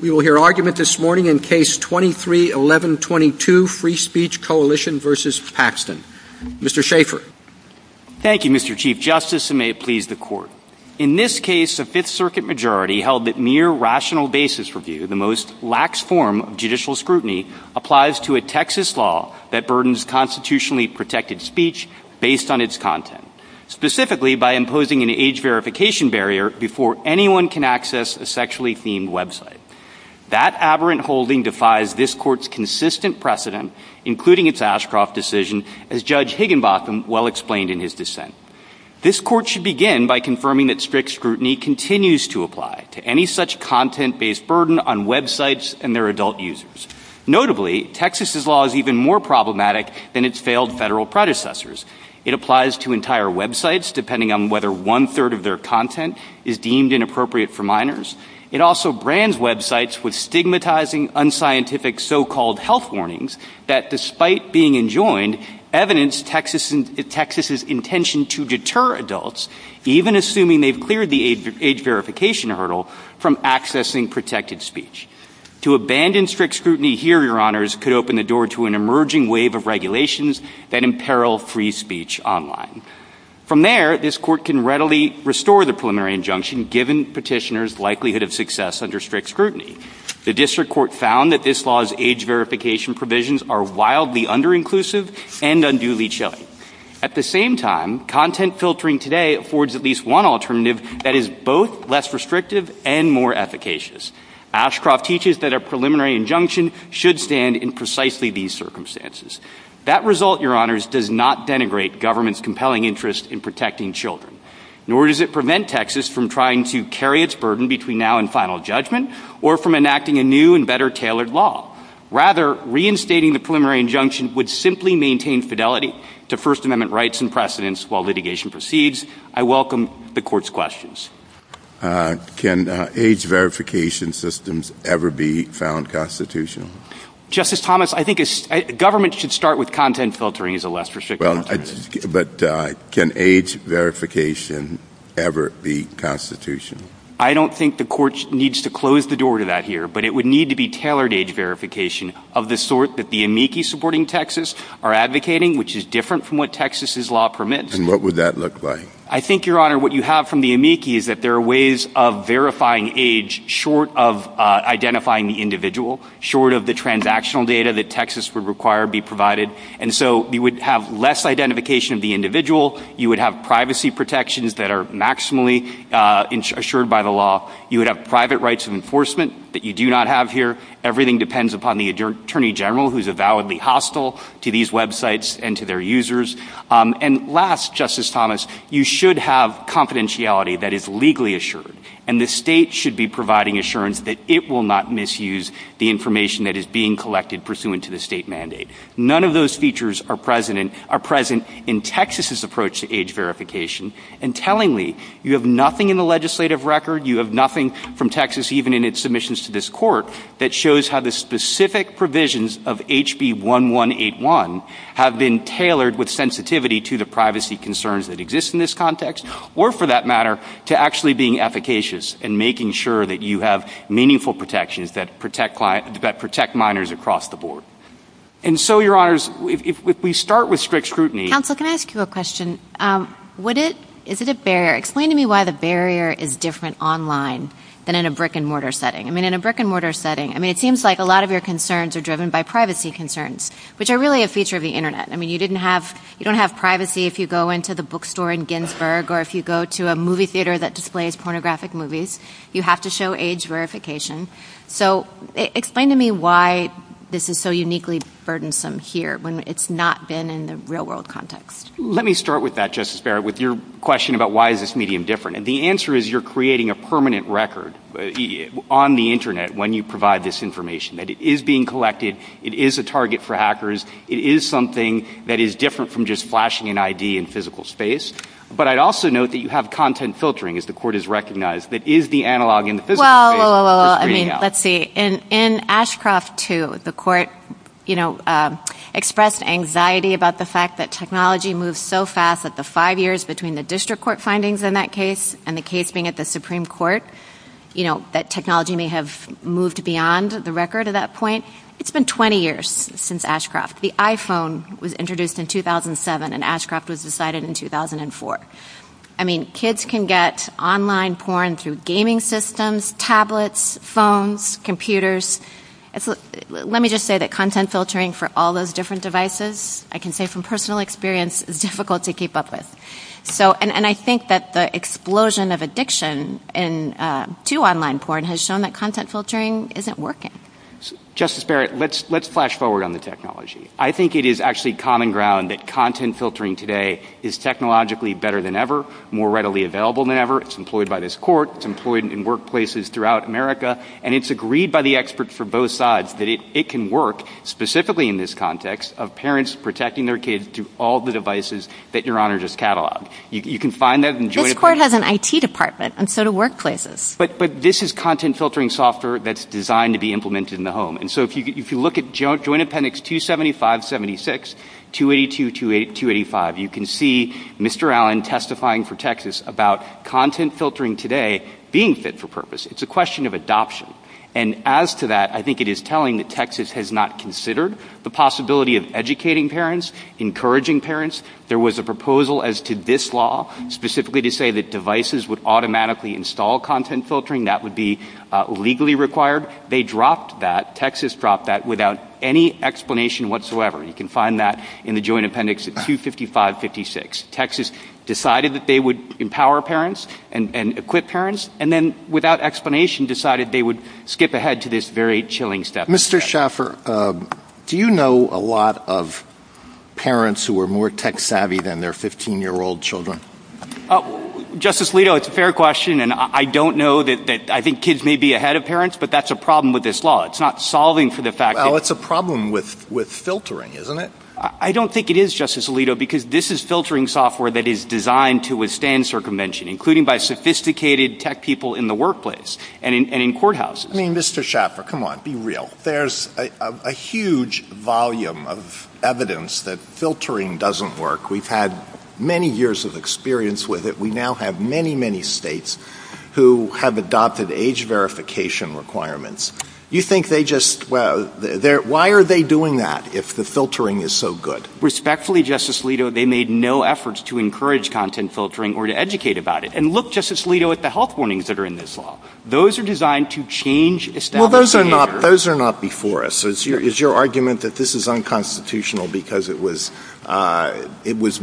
We will hear argument this morning in Case 23-1122, Free Speech Coalition v. Paxton. Mr. Schaffer. Thank you, Mr. Chief Justice, and may it please the Court. In this case, a Fifth Circuit majority held that mere rational basis review, the most lax form of judicial scrutiny, applies to a Texas law that burdens constitutionally protected speech based on its content, specifically by imposing an age verification barrier before anyone can access a sexually themed website. That aberrant holding defies this Court's consistent precedent, including its Ashcroft decision, as Judge Higginbotham well explained in his dissent. This Court should begin by confirming that strict scrutiny continues to apply to any such content-based burden on websites and their adult users. Notably, Texas's law is even more problematic than its failed federal predecessors. It applies to entire websites, depending on whether one-third of their content is deemed inappropriate for minors. It also brands websites with stigmatizing, unscientific so-called health warnings that, despite being enjoined, evidence Texas's intention to deter adults, even assuming they've cleared the age verification hurdle, from accessing protected speech. To abandon strict scrutiny here, Your Honors, could open the door to an emerging wave of regulations that imperil free speech online. From there, this Court can readily restore the preliminary injunction, given petitioners' likelihood of success under strict scrutiny. The District Court found that this law's age verification provisions are wildly under-inclusive and unduly chilly. At the same time, content filtering today affords at least one alternative that is both less restrictive and more efficacious. Ashcroft teaches that a preliminary injunction should stand in precisely these circumstances. That result, Your Honors, does not denigrate government's compelling interest in protecting children. Nor does it prevent Texas from trying to carry its burden between now and final judgment, or from enacting a new and better-tailored law. Rather, reinstating the preliminary injunction would simply maintain fidelity to First Amendment rights and precedents while litigation proceeds. I welcome the Court's questions. Can age verification systems ever be found constitutional? Justice Thomas, I think government should start with content filtering as a less restrictive alternative. But can age verification ever be constitutional? I don't think the Court needs to close the door to that here, but it would need to be tailored age verification of the sort that the amici supporting Texas are advocating, which is different from what Texas's law permits. And what would that look like? I think, Your Honor, what you have from the amici is that there are ways of verifying age short of identifying the individual, short of the transactional data that Texas would require be provided. And so you would have less identification of the individual. You would have privacy protections that are maximally assured by the law. You would have private rights of enforcement that you do not have here. Everything depends upon the Attorney General, who's avowedly hostile to these websites and to their users. And last, Justice Thomas, you should have confidentiality that is legally assured. And the state should be providing assurance that it will not misuse the information that is being collected pursuant to the state mandate. None of those features are present in Texas's approach to age verification. And tellingly, you have nothing in the legislative record, you have nothing from Texas, even in its submissions to this Court, that shows how the specific provisions of HB 1181 have been tailored with sensitivity to the privacy concerns that exist in this context or, for being efficacious and making sure that you have meaningful protections that protect minors across the board. And so, Your Honors, if we start with strict scrutiny... Counsel, can I ask you a question? Is it a barrier? Explain to me why the barrier is different online than in a brick-and-mortar setting. I mean, in a brick-and-mortar setting, I mean, it seems like a lot of your concerns are driven by privacy concerns, which are really a feature of the Internet. I mean, you don't have privacy if you go into the bookstore in Ginsburg or if you go to a movie theater that displays pornographic movies. You have to show age verification. So, explain to me why this is so uniquely burdensome here when it's not been in the real-world context. Let me start with that, Justice Barrett, with your question about why is this medium different. And the answer is you're creating a permanent record on the Internet when you provide this information, that it is being collected, it is a target for hackers, it is something that is different from just flashing an ID in physical space. But I'd also note that you have content filtering, as the Court has recognized, that is the analog in the physical scale of the email. Well, I mean, let's see. In Ashcroft 2, the Court expressed anxiety about the fact that technology moved so fast that the five years between the district court findings in that case and the case being at the Supreme Court, you know, that technology may have moved beyond the record at that point. It's been 20 years since Ashcroft. The iPhone was introduced in 2007 and Ashcroft was decided in 2004. I mean, kids can get online porn through gaming systems, tablets, phones, computers. Let me just say that content filtering for all those different devices, I can say from personal experience, is difficult to keep up with. So, and I think that the explosion of addiction to online porn has shown that content filtering isn't working. Justice Barrett, let's flash forward on the technology. I think it is actually common ground that content filtering today is technologically better than ever, more readily available than ever. It's employed by this Court. It's employed in workplaces throughout America. And it's agreed by the experts for both sides that it can work, specifically in this context, of parents protecting their kid to all the devices that Your Honor just cataloged. You can find that in the Joint— This Court has an IT department, and so do workplaces. But this is content filtering software that's designed to be implemented in the home. And so if you look at Joint Appendix 275-76, 282-285, you can see Mr. Allen testifying for Texas about content filtering today being fit for purpose. It's a question of adoption. And as to that, I think it is telling that Texas has not considered the possibility of educating parents, encouraging parents. There was a proposal as to this law, specifically to say that devices would automatically install content filtering. That would be legally required. They dropped that. Texas dropped that without any explanation whatsoever. You can find that in the Joint Appendix 255-56. Texas decided that they would empower parents and equip parents, and then, without explanation, decided they would skip ahead to this very chilling step. Mr. Schaffer, do you know a lot of parents who are more tech-savvy than their 15-year-old children? Oh, Justice Alito, it's a fair question. And I don't know that—I think kids may be ahead of parents, but that's a problem with this law. It's not solving for the fact that— Well, it's a problem with filtering, isn't it? I don't think it is, Justice Alito, because this is filtering software that is designed to withstand circumvention, including by sophisticated tech people in the workplace and in courthouses. I mean, Mr. Schaffer, come on, be real. There's a huge volume of evidence that filtering doesn't work. We've had many years of experience with it. We now have many, many states who have adopted age verification requirements. You think they just—why are they doing that if the filtering is so good? Respectfully, Justice Alito, they made no efforts to encourage content filtering or to educate about it. And look, Justice Alito, at the health warnings that are in this law. Those are designed to change established— Well, those are not before us. Is your argument that this is unconstitutional because it was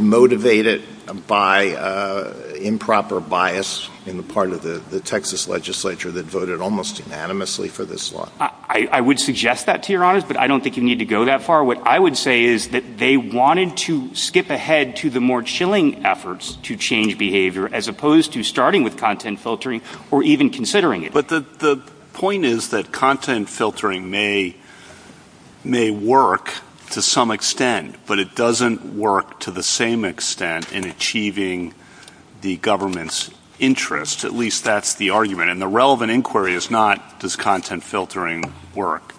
motivated by improper bias in the part of the Texas legislature that voted almost unanimously for this law? I would suggest that, to be honest, but I don't think you need to go that far. What I would say is that they wanted to skip ahead to the more chilling efforts to change behavior as opposed to starting with content filtering or even considering it. The point is that content filtering may work to some extent, but it doesn't work to the same extent in achieving the government's interest. At least that's the argument. And the relevant inquiry is not, does content filtering work?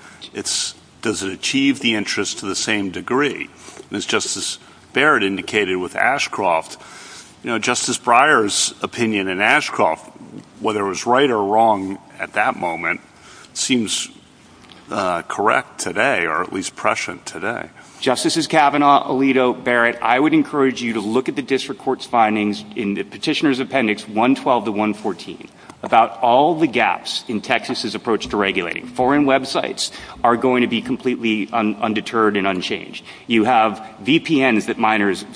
Does it achieve the interest to the same degree? As Justice Barrett indicated with Ashcroft, Justice Breyer's opinion in Ashcroft, whether it was right or wrong at that moment, seems correct today or at least prescient today. Justices Kavanaugh, Alito, Barrett, I would encourage you to look at the district court's findings in the petitioner's appendix 112 to 114 about all the gaps in Texas's approach to regulating. Foreign websites are going to be completely undeterred and unchanged. You have VPNs that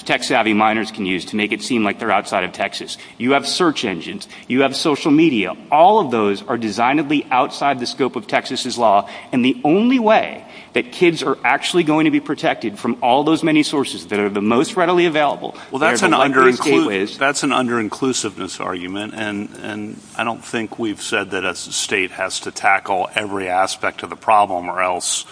tech-savvy minors can use to make it seem like they're outside of Texas. You have search engines. You have social media. All of those are designed to be outside the scope of Texas's law. And the only way that kids are actually going to be protected from all those many sources that are the most readily available... Well, that's an under-inclusiveness argument. And I don't think we've said that as a state has to tackle every aspect of the problem or else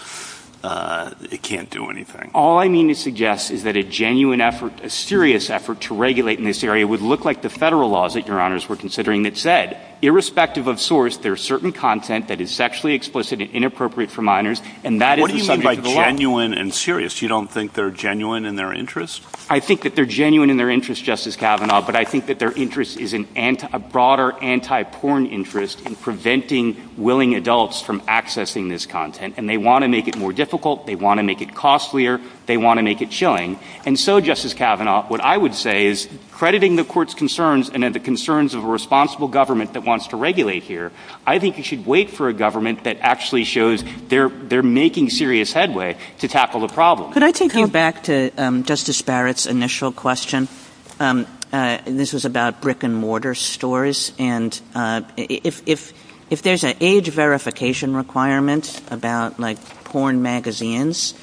it can't do anything. All I mean to suggest is that a genuine effort, a serious effort to regulate in this area would look like the federal laws that your honors were considering that said, irrespective of source, there's certain content that is sexually explicit and inappropriate for minors. What do you mean by genuine and serious? You don't think they're genuine in their interest? I think that they're genuine in their interest, Justice Kavanaugh. But I think that their interest is a broader anti-porn interest in preventing willing adults from accessing this content. And they want to make it more difficult. They want to make it costlier. They want to make it chilling. And so, Justice Kavanaugh, what I would say is, crediting the court's concerns and the concerns of a responsible government that wants to regulate here, I think you should wait for a government that actually shows they're making serious headway to tackle the problem. Could I take you back to Justice Barrett's initial question? This was about brick and mortar stores. And if there's an age verification requirement about, like, porn magazines,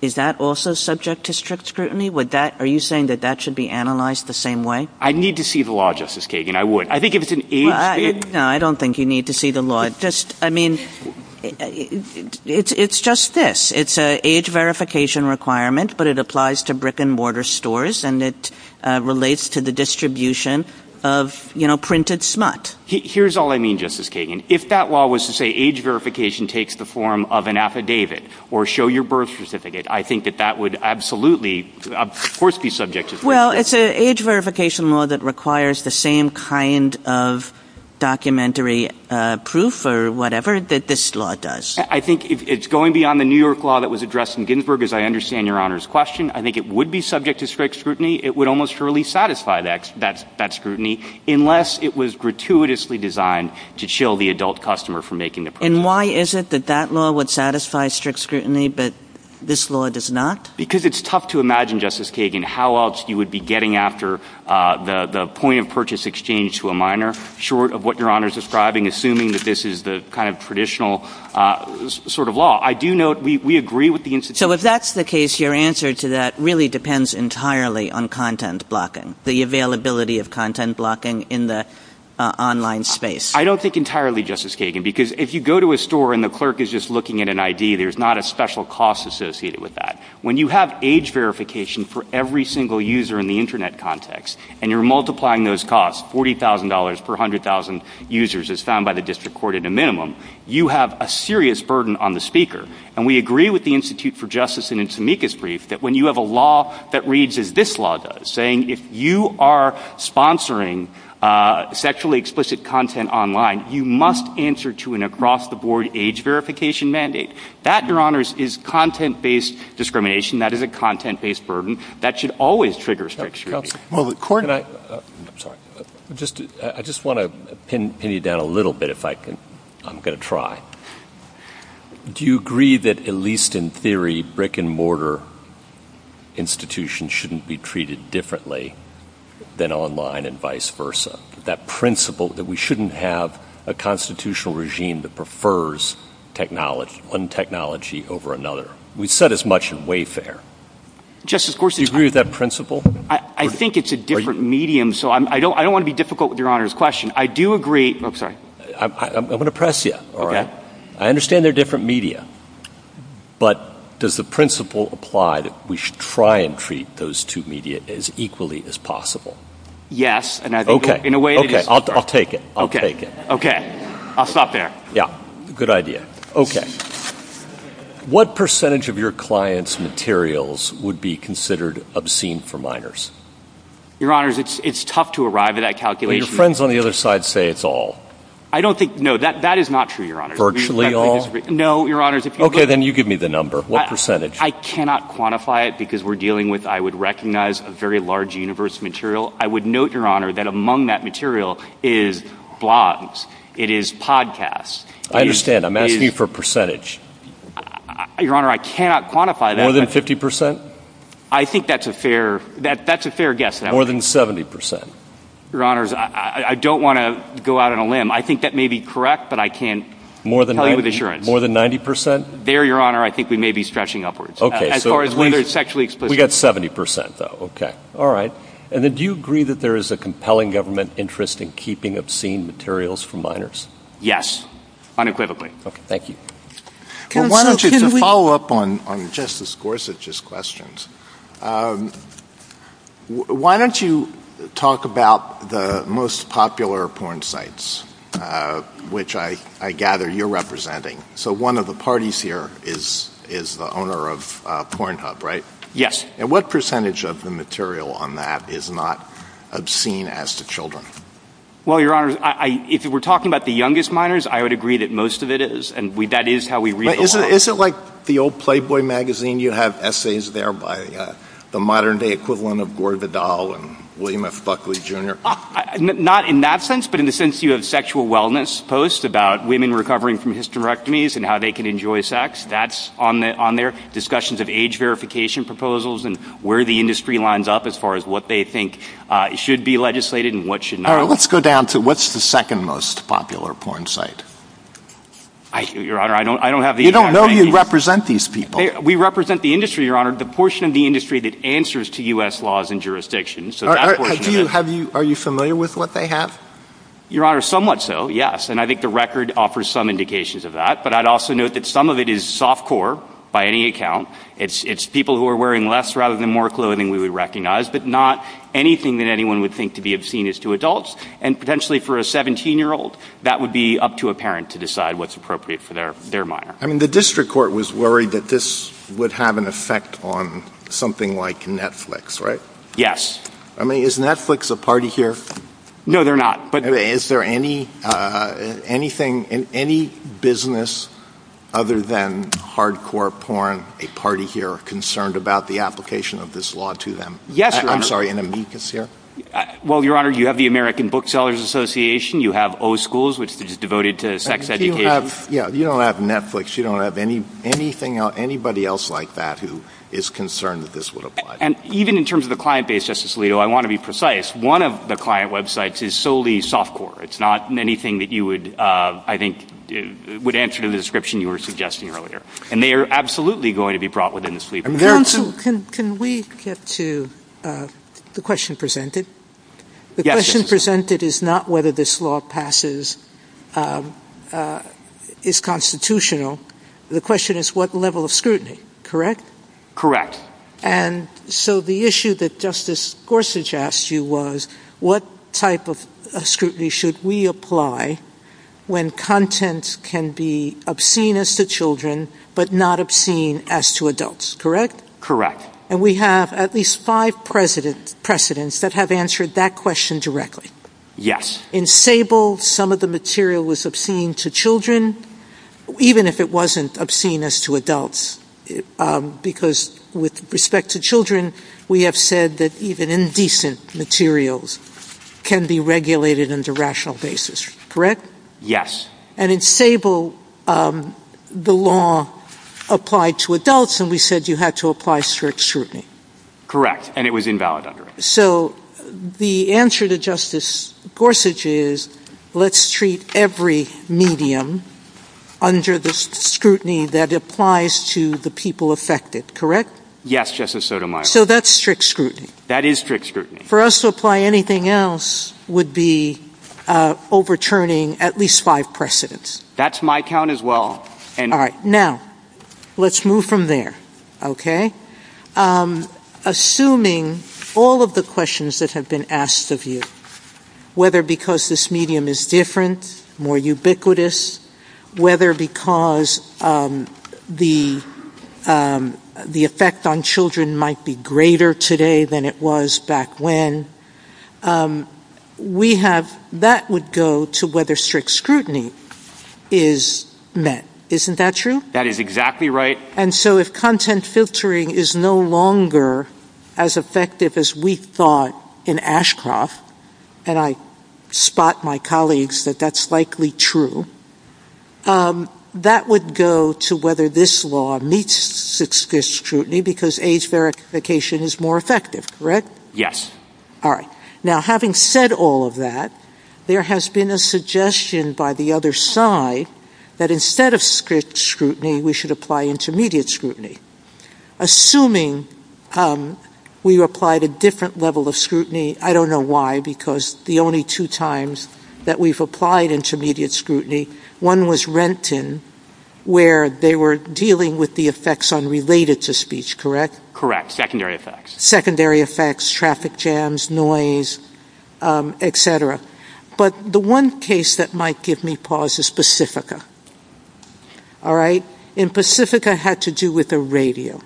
is that also subject to strict scrutiny? Would that, are you saying that that should be analyzed the same way? I'd need to see the law, Justice Kagan. I would. I think if it's an age... No, I don't think you need to see the law. It's just, I mean, it's just this. It's an age verification requirement, but it applies to brick and mortar stores. And it relates to the distribution of, you know, printed smut. Here's all I mean, Justice Kagan. If that law was to say age verification takes the form of an affidavit or show your birth certificate, I think that that would absolutely, of course, be subject to strict scrutiny. Well, it's an age verification law that requires the same kind of documentary proof or whatever that this law does. I think it's going beyond the New York law that was addressed in Ginsburg, as I understand Your Honor's question. I think it would be subject to strict scrutiny. It would almost surely satisfy that scrutiny, unless it was gratuitously designed to chill the adult customer from making the purchase. And why is it that that law would satisfy strict scrutiny, but this law does not? Because it's tough to imagine, Justice Kagan, how else you would be getting after the point of purchase exchange to a minor, short of what Your Honor's describing, assuming that this is the kind of traditional sort of law. I do note we agree with the institution. So if that's the case, your answer to that really depends entirely on content blocking, the availability of content blocking in the online space. I don't think entirely, Justice Kagan, because if you go to a store and the clerk is just looking at an ID, there's not a special cost associated with that. When you have age verification for every single user in the internet context, and you're multiplying those costs, $40,000 per 100,000 users as found by the district court at a minimum, you have a serious burden on the speaker. And we agree with the Institute for Justice and Intimica's brief that when you have a law that reads as this law does, saying if you are sponsoring sexually explicit content online, you must answer to an across-the-board age verification mandate. That, Your Honors, is content-based discrimination. That is a content-based burden. That should always trigger strict scrutiny. Well, the court and I—I'm sorry. I just want to pin you down a little bit if I can—I'm going to try. Do you agree that at least in theory, brick-and-mortar institutions shouldn't be treated differently than online and vice versa? That principle that we shouldn't have a constitutional regime that prefers technology—one technology over another? We've said as much in Wayfair. Justice Gorsuch— Do you agree with that principle? I think it's a different medium, so I don't want to be difficult with Your Honors' question. I do agree—oh, sorry. I'm going to press you. All right? I understand they're different media, but does the principle apply that we should try and treat those two media as equally as possible? Yes. Okay. Okay. I'll take it. I'll take it. Okay. I'll stop there. Yeah. Good idea. Okay. What percentage of your clients' materials would be considered obscene for minors? Your Honors, it's tough to arrive at that calculation. Your friends on the other side say it's all. I don't think—no, that is not true, Your Honors. Virtually all? No, Your Honors. Okay, then you give me the number. What percentage? I cannot quantify it because we're dealing with—I would recognize a very large universe of material. I would note, Your Honor, that among that material is blogs. It is podcasts. I understand. I'm asking you for a percentage. Your Honor, I cannot quantify that. More than 50 percent? I think that's a fair—that's a fair guess. More than 70 percent? Your Honors, I don't want to go out on a limb. I think that may be correct, but I can't tell you with assurance. More than 90 percent? There, Your Honor, I think we may be stretching upwards. Okay. As far as whether it's sexually explicit. We've got 70 percent, though. Okay. All right. And then do you agree that there is a compelling government interest in keeping obscene materials from minors? Yes, unequivocally. Okay. Thank you. Well, why don't you— Can we— To follow up on Justice Gorsuch's questions, why don't you talk about the most popular porn sites, which I gather you're representing. So one of the parties here is the owner of Pornhub, right? Yes. And what percentage of the material on that is not obscene as to children? Well, Your Honors, if we're talking about the youngest minors, I would agree that most of it is, and that is how we read the law. Is it like the old Playboy magazine? You have essays there by the modern-day equivalent of Gore Vidal and William F. Buckley, Jr.? Not in that sense, but in the sense you have sexual wellness posts about women recovering from hysterectomies and how they can enjoy sex. That's on there. Discussions of age verification proposals and where the industry lines up as far as what they think should be legislated and what should not. All right. Let's go down to what's the second most popular porn site. I don't have the exact— We don't know you represent these people. We represent the industry, Your Honor. The portion of the industry that answers to U.S. laws and jurisdictions. Are you familiar with what they have? Your Honor, somewhat so, yes. And I think the record offers some indications of that. But I'd also note that some of it is softcore by any account. It's people who are wearing less rather than more clothing we would recognize, but not anything that anyone would think to be obscene as to adults. And potentially for a 17-year-old, that would be up to a parent to decide what's appropriate for their minor. I mean, the district court was worried that this would have an effect on something like Netflix, right? Yes. I mean, is Netflix a party here? No, they're not. Is there any business other than hardcore porn, a party here, concerned about the application of this law to them? Yes, Your Honor. I'm sorry, an amicus here? Well, Your Honor, you have the American Booksellers Association. You have O-Schools, which is devoted to sex education. You don't have Netflix. You don't have anybody else like that who is concerned that this would apply. And even in terms of the client base, Justice Alito, I want to be precise. One of the client websites is solely softcore. It's not anything that you would, I think, would answer to the description you were suggesting earlier. And they are absolutely going to be brought within this legal framework. Counsel, can we get to the question presented? The question presented is not whether this law passes, is constitutional. The question is what level of scrutiny, correct? Correct. And so the issue that Justice Gorsuch asked you was what type of scrutiny should we apply when content can be obscene as to children, but not obscene as to adults, correct? Correct. And we have at least five precedents that have answered that question directly. Yes. In Sable, some of the material was obscene to children, even if it wasn't obscene as to adults. Because with respect to children, we have said that even indecent materials can be regulated under rational basis, correct? And in Sable, the law applied to adults, and we said you had to apply strict scrutiny. Correct. And it was invalid under it. So the answer to Justice Gorsuch is let's treat every medium under the scrutiny that applies to the people affected, correct? Yes, Justice Sotomayor. So that's strict scrutiny. That is strict scrutiny. For us to apply anything else would be overturning at least five precedents. That's my count as well. All right. Now, let's move from there, okay? Assuming all of the questions that have been asked of you, whether because this medium is different, more ubiquitous, whether because the effect on children might be greater today than it was back when, that would go to whether strict scrutiny is met, isn't that true? That is exactly right. And so if content filtering is no longer as effective as we thought in Ashcroft, and I spot my colleagues that that's likely true, that would go to whether this law meets strict scrutiny because age verification is more effective, correct? Yes. All right. Now, having said all of that, there has been a suggestion by the other side that instead of strict scrutiny, we should apply intermediate scrutiny. Assuming we applied a different level of scrutiny, I don't know why, because the only two times that we've applied intermediate scrutiny, one was Renton, where they were dealing with the effects unrelated to speech, correct? Correct. Secondary effects. Secondary effects, traffic jams, noise, et cetera. But the one case that might give me pause is Pacifica, all right? And Pacifica had to do with the radio.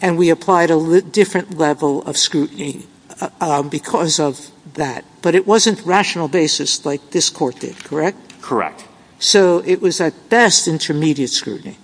And we applied a different level of scrutiny because of that. But it wasn't rational basis like this court did, correct? Correct. So it was at best intermediate scrutiny?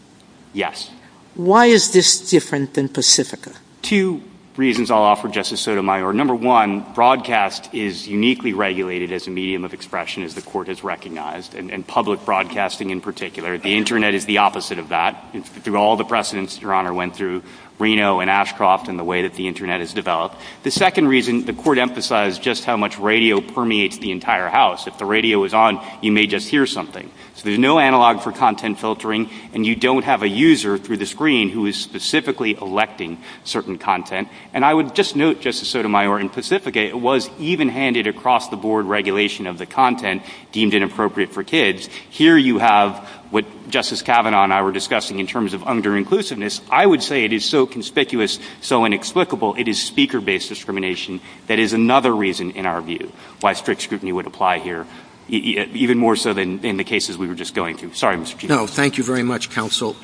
Yes. Why is this different than Pacifica? Two reasons I'll offer, Justice Sotomayor. Number one, broadcast is uniquely regulated as a medium of expression as the court has recognized, and public broadcasting in particular. The internet is the opposite of that. Through all the precedents, Your Honor, went through Reno and Ashcroft and the way that the internet has developed. The second reason, the court emphasized just how much radio permeates the entire house. If the radio was on, you may just hear something. So there's no analog for content filtering, and you don't have a user through the screen who is specifically collecting certain content. And I would just note, Justice Sotomayor, in Pacifica, it was even-handed across-the-board regulation of the content deemed inappropriate for kids. Here you have what Justice Kavanaugh and I were discussing in terms of under-inclusiveness. I would say it is so conspicuous, so inexplicable, it is speaker-based discrimination that is another reason, in our view, why strict scrutiny would apply here, even more so than the cases we were just going through. Sorry, Mr. Chief. No, thank you very much, counsel.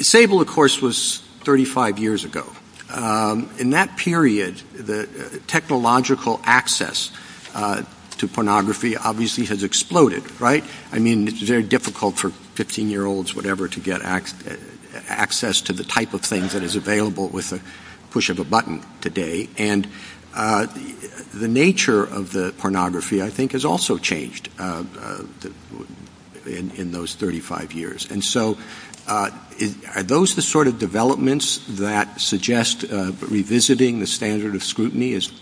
Sable, of course, was 35 years ago. In that period, the technological access to pornography obviously has exploded, right? I mean, it's very difficult for 15-year-olds, whatever, to get access to the type of things that is available with the push of a button today. And the nature of the pornography, I think, has also changed in those 35 years. And so, are those the sort of developments that suggest revisiting the standard of scrutiny is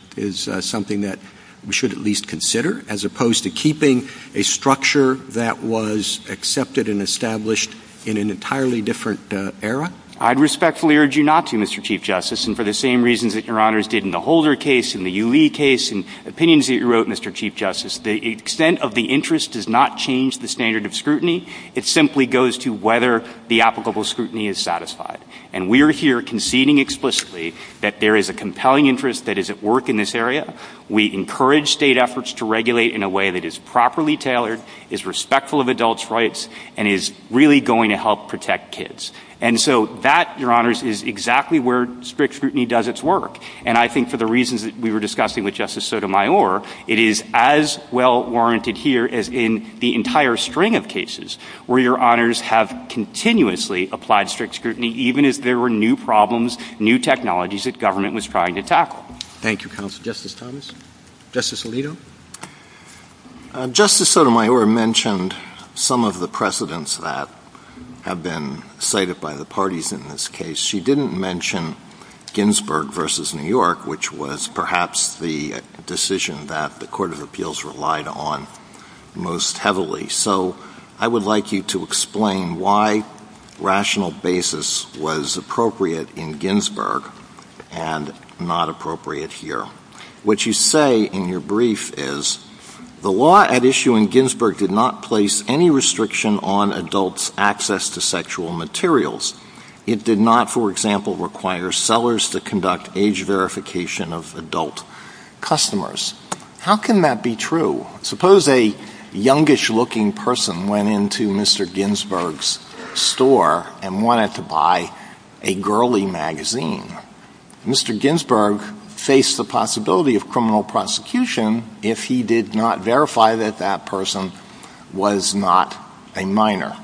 something that we should at least consider, as opposed to keeping a structure that was accepted and established in an entirely different era? I'd respectfully urge you not to, Mr. Chief Justice, and for the same reasons that Your Honors did in the Holder case, in the UE case, in opinions that you wrote, Mr. Chief Justice. The extent of the interest does not change the standard of scrutiny. It simply goes to whether the applicable scrutiny is satisfied. And we are here conceding explicitly that there is a compelling interest that is at work in this area. We encourage state efforts to regulate in a way that is properly tailored, is respectful of adults' rights, and is really going to help protect kids. And so that, Your Honors, is exactly where strict scrutiny does its work. And I think for the reasons that we were discussing with Justice Sotomayor, it is as well-warranted here as in the entire string of cases where Your Honors have continuously applied strict scrutiny, even if there were new problems, new technologies that government was trying to tackle. Thank you, Counsel. Justice Thomas? Justice Alito? Justice Sotomayor mentioned some of the precedents that have been cited by the parties in this case. She didn't mention Ginsburg versus New York, which was perhaps the decision that the Court of Appeals relied on most heavily. So I would like you to explain why rational basis was appropriate in Ginsburg and not appropriate here. What you say in your brief is, the law at issue in Ginsburg did not place any restriction on adults' access to sexual materials. It did not, for example, require sellers to conduct age verification of adult customers. How can that be true? Suppose a youngish-looking person went into Mr. Ginsburg's store and wanted to buy a girly magazine. Mr. Ginsburg faced the possibility of criminal prosecution if he did not verify that that person was not a minor.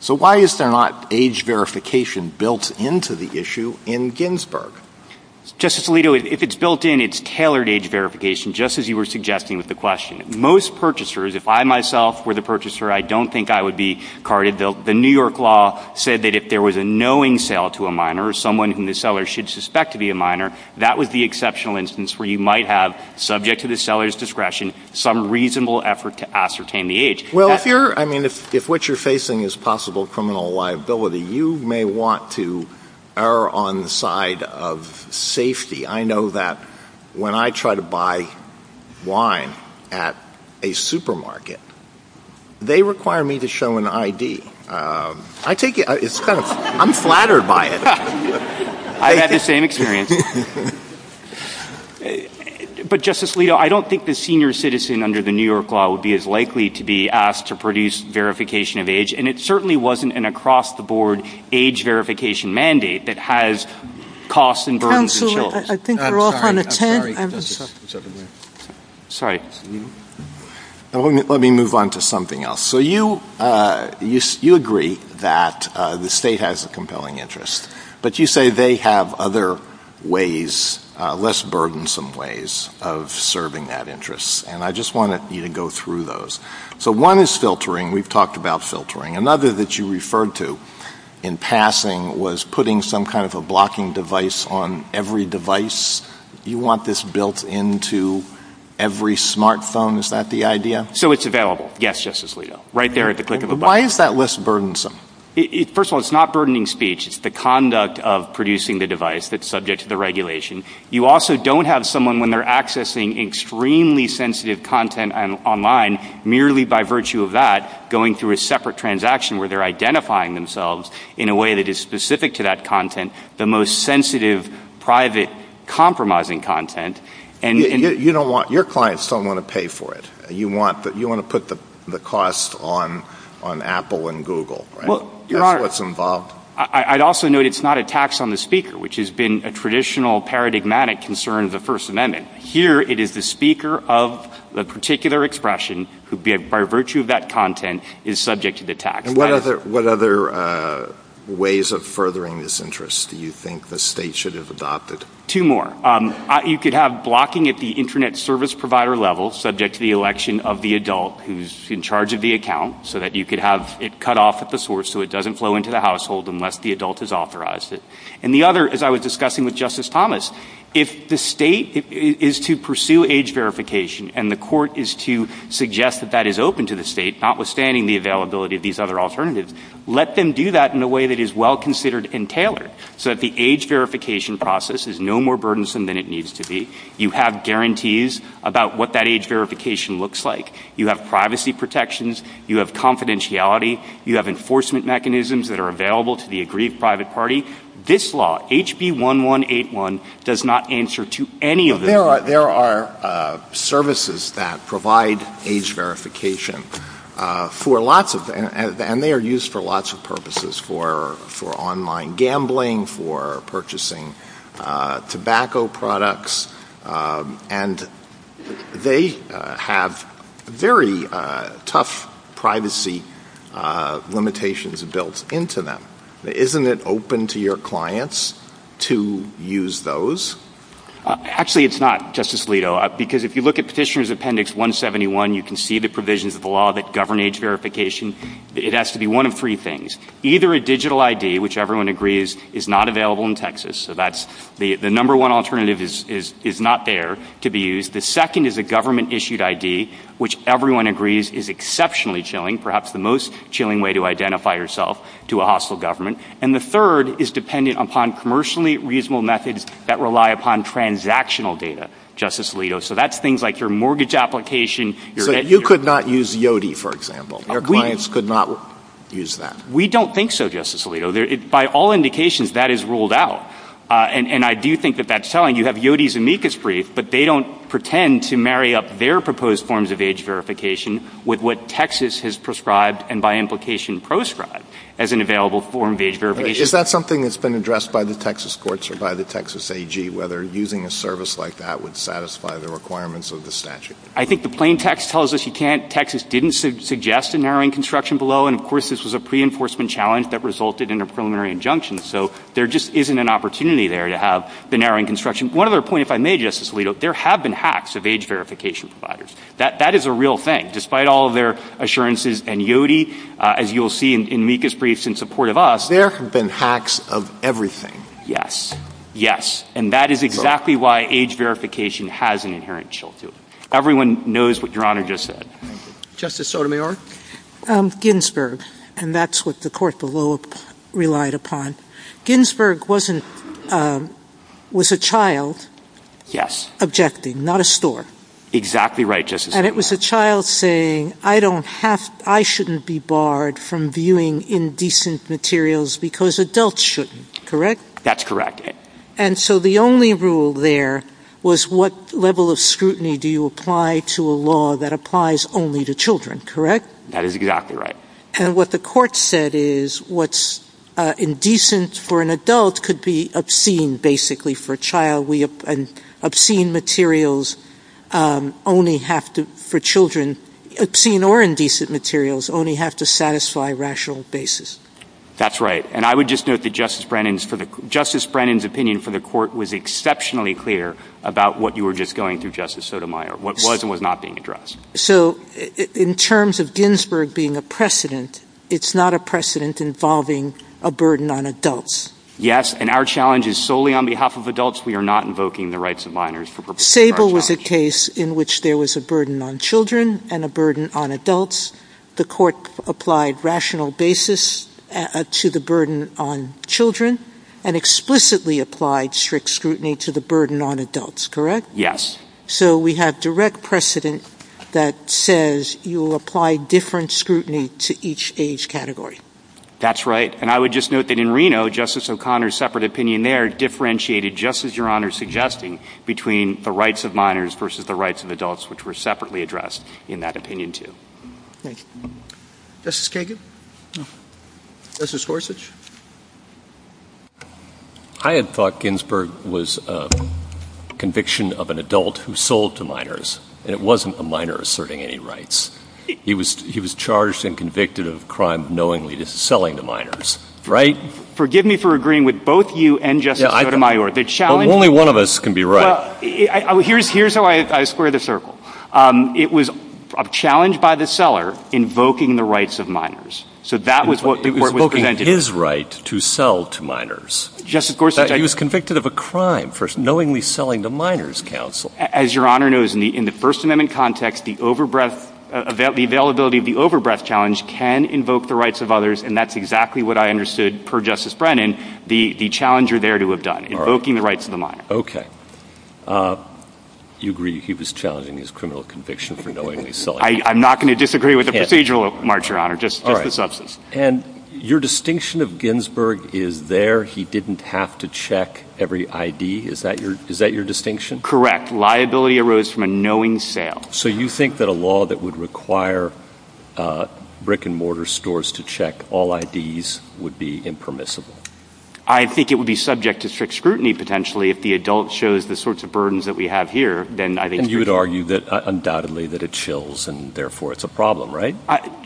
So why is there not age verification built into the issue in Ginsburg? Justice Alito, if it's built in, it's tailored age verification, just as you were suggesting with the question. Most purchasers, if I myself were the purchaser, I don't think I would be carded. The New York law said that if there was a knowing sale to a minor or someone whom the seller should suspect to be a minor, that would be an exceptional instance where you might have, subject to the seller's discretion, some reasonable effort to ascertain the age. Well, if what you're facing is possible criminal liability, you may want to err on the side of safety. I know that when I try to buy wine at a supermarket, they require me to show an ID. I take it, I'm flattered by it. I've had the same experience. But Justice Alito, I don't think the senior citizen under the New York law would be as likely to be asked to produce verification of age, and it certainly wasn't an across-the-board age verification mandate that has costs and burdens on children. Counsel, I think we're off on a tangent. I'm sorry. Let me move on to something else. So you agree that the state has a compelling interest, but you say they have other ways, less burdensome ways, of serving that interest, and I just want you to go through those. So one is filtering. We've talked about filtering. Another that you referred to in passing was putting some kind of a blocking device on every device. Do you want this built into every smartphone? Is that the idea? So it's available. Yes, Justice Alito. Right there at the click of a button. But why is that less burdensome? First of all, it's not burdening speech. It's the conduct of producing the device that's subject to the regulation. You also don't have someone, when they're accessing extremely sensitive content online, merely by virtue of that, going through a separate transaction where they're identifying themselves in a way that is specific to that content, the most sensitive, private, compromising content. You don't want, your clients don't want to pay for it. You want to put the cost on Apple and Google, right? That's what's involved. I'd also note it's not a tax on the speaker, which has been a traditional paradigmatic concern of the First Amendment. Here it is the speaker of the particular expression who, by virtue of that content, is subject to the tax. And what other ways of furthering this interest do you think the state should have adopted? Two more. You could have blocking at the internet service provider level, subject to the election of the adult who's in charge of the account, so that you could have it cut off at the source so it doesn't flow into the household unless the adult has authorized it. And the other, as I was discussing with Justice Thomas, if the state is to pursue age verification and the court is to suggest that that is open to the state, notwithstanding the availability of these other alternatives, let them do that in a way that is well considered and tailored so that the age verification process is no more burdensome than it needs to be. You have guarantees about what that age verification looks like. You have privacy protections, you have confidentiality, you have enforcement mechanisms that are available to the aggrieved private party. This law, HB 1181, does not answer to any of that. There are services that provide age verification for lots of... and they are used for lots of purposes, for online gambling, for purchasing tobacco products, and they have very tough privacy limitations built into them. Isn't it open to your clients to use those? Actually, it's not, Justice Alito, because if you look at Petitioner's Appendix 171, you can see the provisions of the law that govern age verification. It has to be one of three things. Either a digital ID, which everyone agrees is not available in Texas, so that's the number one alternative is not there to be used. The second is a government-issued ID, which everyone agrees is exceptionally chilling, perhaps the most chilling way to identify yourself to a hostile government. And the third is dependent upon commercially reasonable methods that rely upon transactional data, Justice Alito. So that's things like your mortgage application, your debt... You could not use YODI, for example. Your clients could not use that. We don't think so, Justice Alito. By all indications, that is ruled out, and I do think that that's telling. You have YODI's amicus brief, but they don't pretend to marry up their proposed forms of age verification with what Texas has prescribed and, by implication, proscribed as an available form of age verification. Is that something that's been addressed by the Texas courts or by the Texas AG, whether using a service like that would satisfy the requirements of the statute? I think the plain text tells us you can't. Texas didn't suggest a narrowing construction below, and, of course, this was a pre-enforcement challenge that resulted in a preliminary injunction. So there just isn't an opportunity there to have the narrowing construction. One other point, if I may, Justice Alito, there have been hacks of age verification providers. That is a real thing. Despite all of their assurances and YODI, as you'll see in amicus briefs in support of us... There have been hacks of everything. Yes. Yes. And that is exactly why age verification has an inherent shield to it. Everyone knows what Your Honor just said. Justice Sotomayor? Ginsburg. And that's what the court below relied upon. Ginsburg was a child objecting, not a store. Exactly right, Justice Sotomayor. And it was a child saying, I shouldn't be barred from viewing indecent materials because adults shouldn't, correct? That's correct. And so the only rule there was what level of scrutiny do you apply to a law that applies only to children, correct? That is exactly right. And what the court said is what's indecent for an adult could be obscene, basically, for a child. And obscene materials only have to, for children, obscene or indecent materials, only have to satisfy rational basis. That's right. And I would just note that Justice Brennan's opinion for the court was exceptionally clear about what you were just going through, Justice Sotomayor, what was and was not being addressed. So in terms of Ginsburg being a precedent, it's not a precedent involving a burden on Yes. And our challenge is solely on behalf of adults. We are not invoking the rights of minors for purposes of our challenge. Sable was a case in which there was a burden on children and a burden on adults. The court applied rational basis to the burden on children and explicitly applied strict scrutiny to the burden on adults, correct? Yes. So we have direct precedent that says you will apply different scrutiny to each age category. That's right. And I would just note that in Reno, Justice O'Connor's separate opinion there differentiated, just as Your Honor is suggesting, between the rights of minors versus the rights of adults, which were separately addressed in that opinion too. Thank you. Justice Kagan? No. Justice Gorsuch? I had thought Ginsburg was a conviction of an adult who sold to minors, and it wasn't a minor asserting any rights. He was charged and convicted of a crime of knowingly selling to minors, right? Forgive me for agreeing with both you and Justice Sotomayor. The challenge— Well, only one of us can be right. Well, here's how I square the circle. It was a challenge by the seller invoking the rights of minors. So that was what— He was invoking his right to sell to minors. Justice Gorsuch? He was convicted of a crime for knowingly selling to minors, counsel. As Your Honor knows, in the First Amendment context, the availability of the overbreadth challenge can invoke the rights of others, and that's exactly what I understood, per Justice Brennan, the challenge you're there to have done, invoking the rights of the minor. Okay. Do you agree he was challenging his criminal conviction for knowingly selling? I'm not going to disagree with the procedural, Your Honor, just the substance. And your distinction of Ginsburg is there, he didn't have to check every ID, is that your distinction? Correct. Liability arose from a knowing sale. So you think that a law that would require brick-and-mortar stores to check all IDs would be impermissible? I think it would be subject to strict scrutiny, potentially, if the adult shows the sorts of burdens that we have here, then I think— And you would argue that undoubtedly that it chills, and therefore it's a problem, right?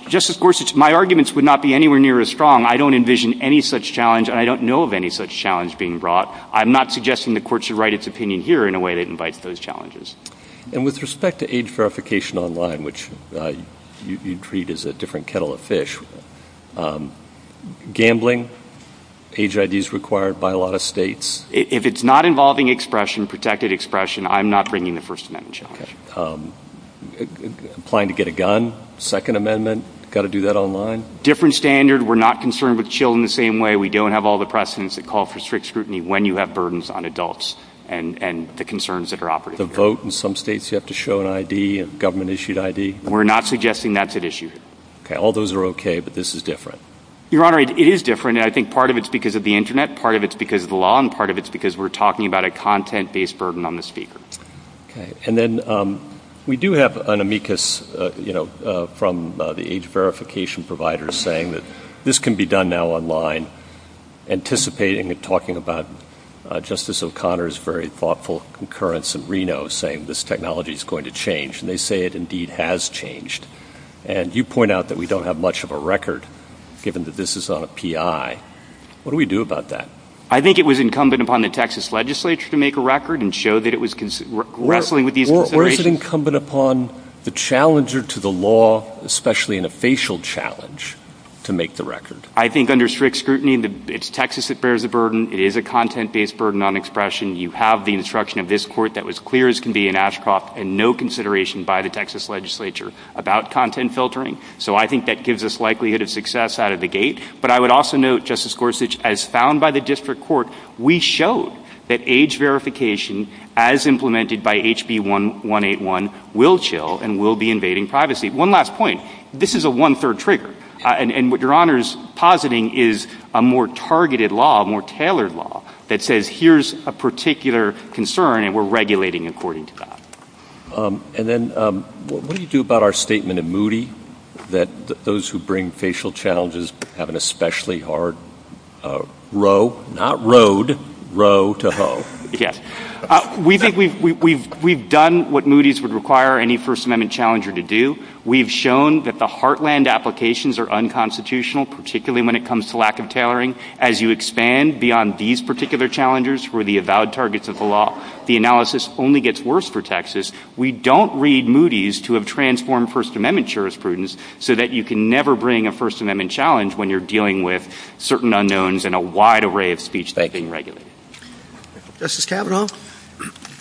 Justice Gorsuch, my arguments would not be anywhere near as strong. I don't envision any such challenge, and I don't know of any such challenge being brought. I'm not suggesting the Court should write its opinion here in a way that invites those And with respect to age verification online, which you treat as a different kettle of fish, gambling, age IDs required by a lot of states— If it's not involving expression, protected expression, I'm not bringing the First Amendment challenge. Applying to get a gun, Second Amendment, got to do that online? Different standard. We're not concerned with children the same way. We don't have all the precedents that call for strict scrutiny when you have burdens on adults and the concerns that are operative. The vote in some states, you have to show an ID, a government-issued ID? We're not suggesting that's an issue. All those are okay, but this is different. Your Honor, it is different, and I think part of it's because of the Internet, part of it's because of the law, and part of it's because we're talking about a content-based burden on the speakers. And then we do have an amicus from the age verification providers saying that this can be done now online, anticipating and talking about Justice O'Connor's very thoughtful concurrence in Reno saying this technology is going to change, and they say it indeed has changed. And you point out that we don't have much of a record, given that this is on a PI. What do we do about that? I think it was incumbent upon the Texas legislature to make a record and show that it was consistent. Or is it incumbent upon the challenger to the law, especially in a facial challenge, to make the record? I think under strict scrutiny, it's Texas that bears the burden. It is a content-based burden on expression. You have the instruction of this court that was clear as can be in Ashcroft and no consideration by the Texas legislature about content filtering. So I think that gives us likelihood of success out of the gate. But I would also note, Justice Gorsuch, as found by the district court, we showed that age verification, as implemented by HB 1181, will chill and will be invading privacy. One last point. This is a one-third trigger. And what Your Honor is positing is a more targeted law, a more tailored law, that says here's a particular concern and we're regulating according to that. And then what do you do about our statement in Moody that those who bring facial challenges have an especially hard row, not road, row to hoe? Yes. We think we've done what Moody's would require any First Amendment challenger to do. We've shown that the heartland applications are unconstitutional, particularly when it comes to lack of tailoring. As you expand beyond these particular challengers who are the avowed targets of the law, the analysis only gets worse for Texas. We don't read Moody's to have transformed First Amendment jurisprudence so that you can never bring a First Amendment challenge when you're dealing with certain unknowns in a wide array of speech-making regulations. Justice Kavanaugh?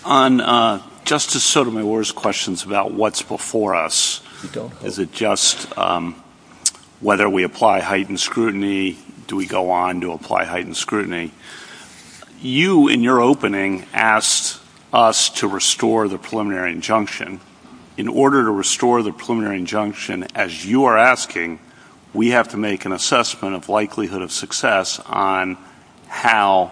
On Justice Sotomayor's questions about what's before us, is it just whether we apply heightened scrutiny, do we go on to apply heightened scrutiny? You in your opening asked us to restore the preliminary injunction. In order to restore the preliminary injunction, as you are asking, we have to make an assessment of likelihood of success on how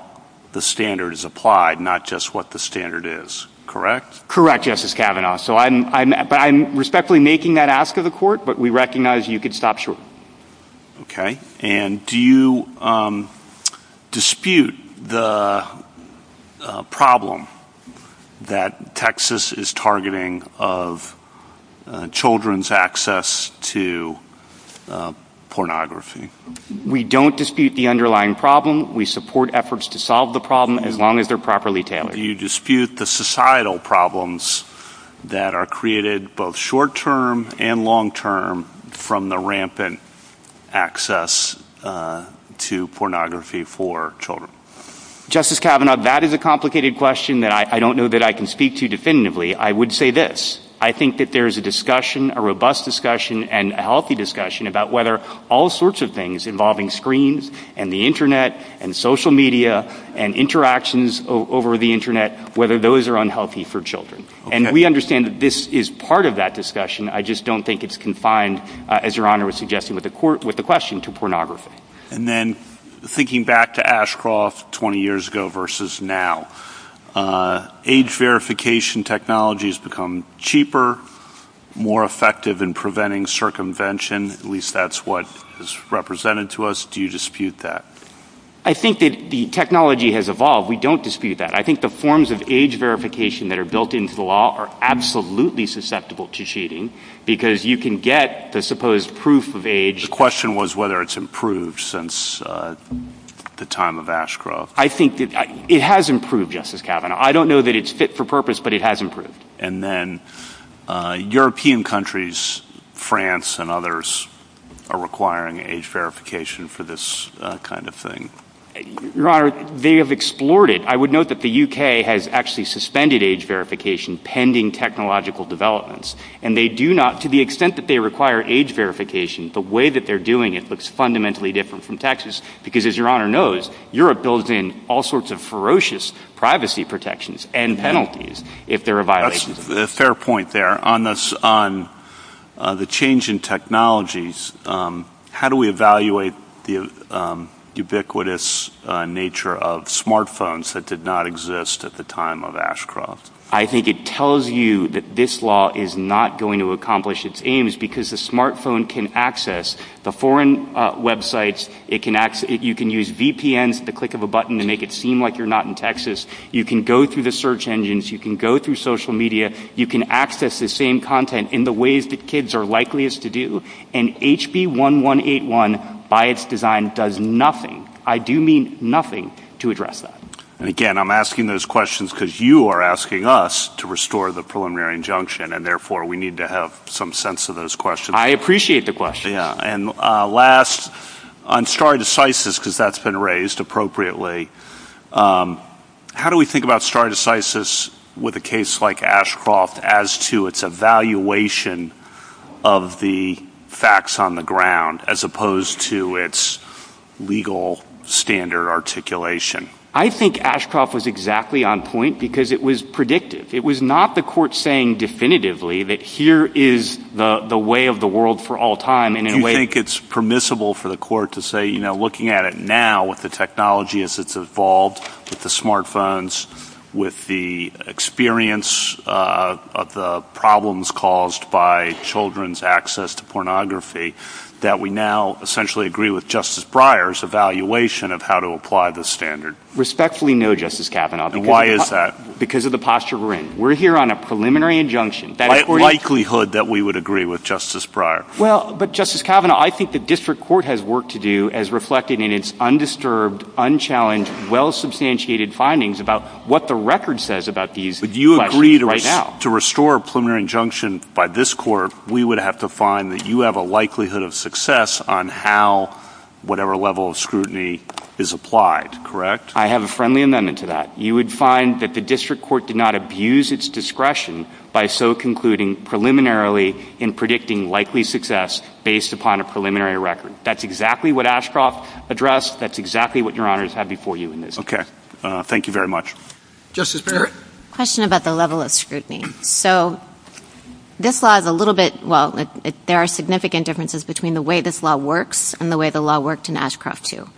the standard is applied, not just what the standard is. Correct? Correct, Justice Kavanaugh. I'm respectfully making that ask of the court, but we recognize you could stop shortly. Okay. And do you dispute the problem that Texas is targeting of children's access to pornography? We don't dispute the underlying problem. We support efforts to solve the problem as long as they're properly tailored. You dispute the societal problems that are created both short-term and long-term from the rampant access to pornography for children. Justice Kavanaugh, that is a complicated question that I don't know that I can speak to definitively. I would say this. I think that there is a discussion, a robust discussion, and a healthy discussion about whether all sorts of things involving screens and the Internet and social media and interactions over the Internet, whether those are unhealthy for children. And we understand that this is part of that discussion. I just don't think it's confined, as Your Honor was suggesting with the question, to pornography. And then, thinking back to Ashcroft 20 years ago versus now, age verification technology has become cheaper, more effective in preventing circumvention, at least that's what is represented to us. Do you dispute that? I think that the technology has evolved. We don't dispute that. I think the forms of age verification that are built into the law are absolutely susceptible to cheating because you can get the supposed proof of age. The question was whether it's improved since the time of Ashcroft. I think it has improved, Justice Kavanaugh. I don't know that it's fit for purpose, but it has improved. And then, European countries, France and others, are requiring age verification for this kind of thing. Your Honor, they have explored it. I would note that the U.K. has actually suspended age verification pending technological developments. And they do not, to the extent that they require age verification, the way that they're doing it looks fundamentally different from Texas because, as Your Honor knows, Europe builds in all sorts of ferocious privacy protections and penalties if there are violations of it. That's a fair point there. On the change in technologies, how do we evaluate the ubiquitous nature of smartphones that did not exist at the time of Ashcroft? I think it tells you that this law is not going to accomplish its aims because the smartphone can access the foreign websites. You can use VPNs at the click of a button to make it seem like you're not in Texas. You can go through the search engines. You can go through social media. You can access the same content in the ways that kids are likeliest to do. And HB 1181, by its design, does nothing, I do mean nothing, to address that. And again, I'm asking those questions because you are asking us to restore the preliminary injunction and therefore we need to have some sense of those questions. I appreciate the question. And last, on stare decisis, because that's been raised appropriately, how do we think about stare decisis with a case like Ashcroft as to its evaluation of the facts on the ground as opposed to its legal standard articulation? I think Ashcroft was exactly on point because it was predictive. It was not the court saying definitively that here is the way of the world for all time. And in a way... Do you think it's permissible for the court to say, you know, looking at it now with the technology as it's evolved, with the smartphones, with the experience of the problems caused by children's access to pornography, that we now essentially agree with Justice Breyer's evaluation of how to apply the standard? Respectfully, no, Justice Kavanaugh. Why is that? Because of the posture we're in. We're here on a preliminary injunction. By likelihood that we would agree with Justice Breyer. Well, but Justice Kavanaugh, I think the district court has work to do as reflected in its undisturbed, unchallenged, well-substantiated findings about what the record says about these questions But you agreed to restore a preliminary injunction by this court, we would have to find that you have a likelihood of success on how whatever level of scrutiny is applied, correct? I have a friendly amendment to that. You would find that the district court did not abuse its discretion by so concluding preliminarily in predicting likely success based upon a preliminary record. That's exactly what Ashcroft addressed. That's exactly what Your Honors have before you in this. Okay. Thank you very much. Justice Breyer? Question about the level of scrutiny. So this law is a little bit, well, there are significant differences between the way this law works and the way the law worked in Ashcroft too.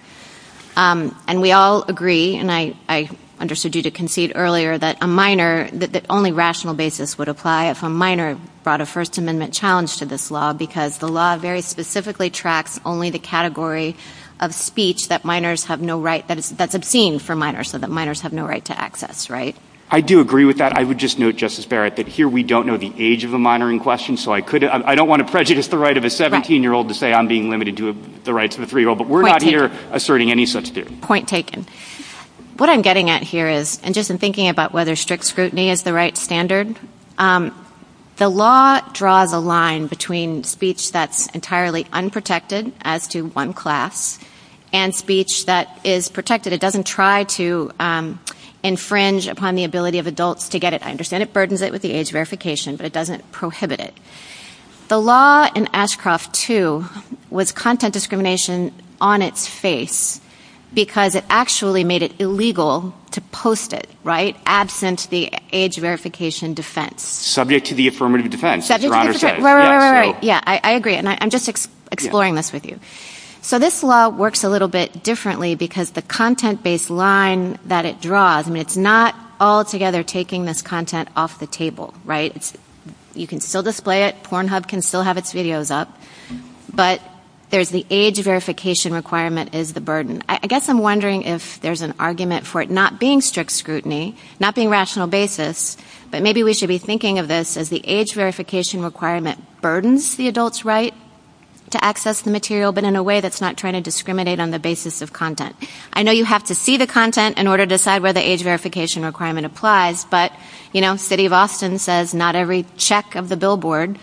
And we all agree, and I understood you to concede earlier, that a minor, that only rational basis would apply if a minor brought a First Amendment challenge to this law because the law very specifically tracks only the category of speech that minors have no right, that's obscene for minors, so that minors have no right to access, right? I do agree with that. I would just note, Justice Barrett, that here we don't know the age of a minor in question, so I could, I don't want to prejudice the right of a 17-year-old to say I'm being limited to the rights of a 3-year-old, but we're not here asserting any such theory. Point taken. What I'm getting at here is, and just in thinking about whether strict scrutiny is the right standard, the law draws a line between speech that's entirely unprotected as to one class and speech that is protected. But it doesn't try to infringe upon the ability of adults to get it. I understand it burdens it with the age verification, but it doesn't prohibit it. The law in Ashcroft 2 was content discrimination on its face because it actually made it illegal to post it, right, absent the age verification defense. Subject to the affirmative defense. Right, right, right. Yeah, I agree, and I'm just exploring this with you. So this law works a little bit differently because the content-based line that it draws, I mean, it's not altogether taking this content off the table, right? You can still display it, Pornhub can still have its videos up, but there's the age verification requirement is the burden. I guess I'm wondering if there's an argument for it not being strict scrutiny, not being rational basis, but maybe we should be thinking of this as the age verification requirement that burdens the adult's right to access the material, but in a way that's not trying to discriminate on the basis of content. I know you have to see the content in order to decide where the age verification requirement applies, but, you know, city of Austin says not every check of the billboard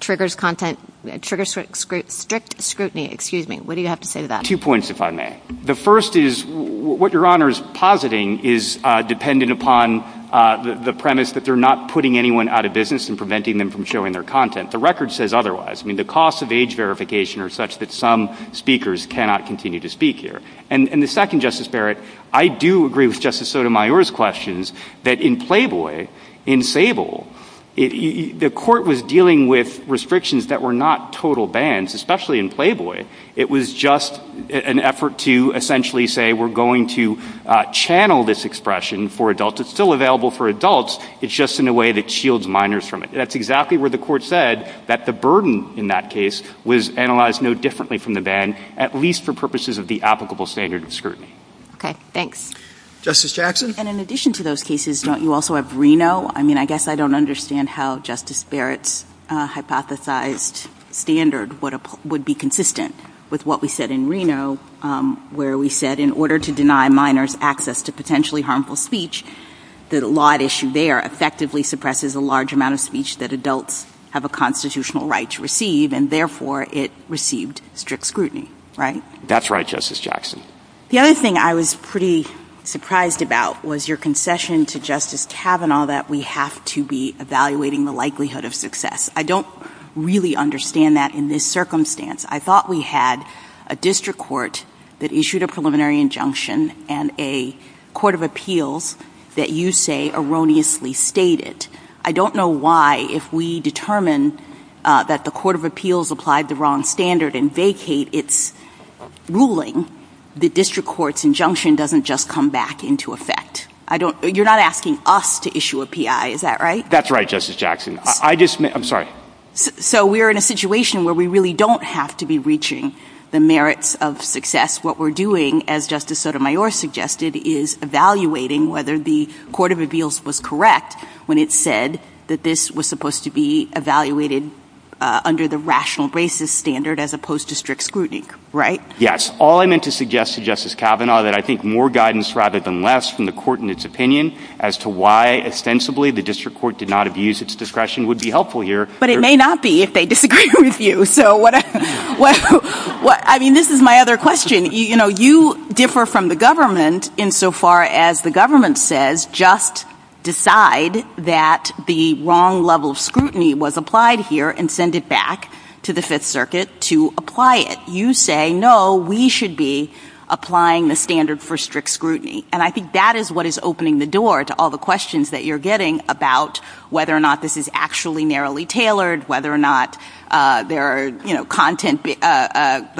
triggers content, triggers strict scrutiny. Excuse me, what do you have to say to that? Two points, if I may. The first is what your honor is positing is dependent upon the premise that they're not putting anyone out of business and preventing them from showing their content. The record says otherwise. I mean, the cost of age verification are such that some speakers cannot continue to speak here. And the second, Justice Barrett, I do agree with Justice Sotomayor's questions that in Playboy, in Sable, the court was dealing with restrictions that were not total bans, especially in Playboy. It was just an effort to essentially say we're going to channel this expression for adults. It's still available for adults. It's just in a way that shields minors from it. That's exactly where the court said that the burden in that case was analyzed no differently from the ban, at least for purposes of the applicable standard of scrutiny. Thanks. Justice Jackson? And in addition to those cases, don't you also have Reno? I mean, I guess I don't understand how Justice Barrett's hypothesized standard would be consistent with what we said in Reno, where we said in order to deny minors access to potentially unfair, effectively suppresses a large amount of speech that adults have a constitutional right to receive, and therefore it received strict scrutiny, right? That's right, Justice Jackson. The other thing I was pretty surprised about was your concession to Justice Kavanaugh that we have to be evaluating the likelihood of success. I don't really understand that in this circumstance. I thought we had a district court that issued a preliminary injunction and a court of appeals that you say erroneously stated. I don't know why if we determine that the court of appeals applied the wrong standard and vacate its ruling, the district court's injunction doesn't just come back into effect. You're not asking us to issue a PI, is that right? That's right, Justice Jackson. I'm sorry. So we're in a situation where we really don't have to be reaching the merits of success. What we're doing, as Justice Sotomayor suggested, is evaluating whether the court of appeals was correct when it said that this was supposed to be evaluated under the rational basis standard as opposed to strict scrutiny, right? All I meant to suggest to Justice Kavanaugh that I think more guidance rather than less from the court and its opinion as to why ostensibly the district court did not abuse its discretion would be helpful here. But it may not be if they disagree with you. I mean, this is my other question. You differ from the government insofar as the government says just decide that the wrong level of scrutiny was applied here and send it back to the Fifth Circuit to apply it. You say, no, we should be applying the standard for strict scrutiny. And I think that is what is opening the door to all the questions that you're getting about whether or not this is actually narrowly tailored, whether or not the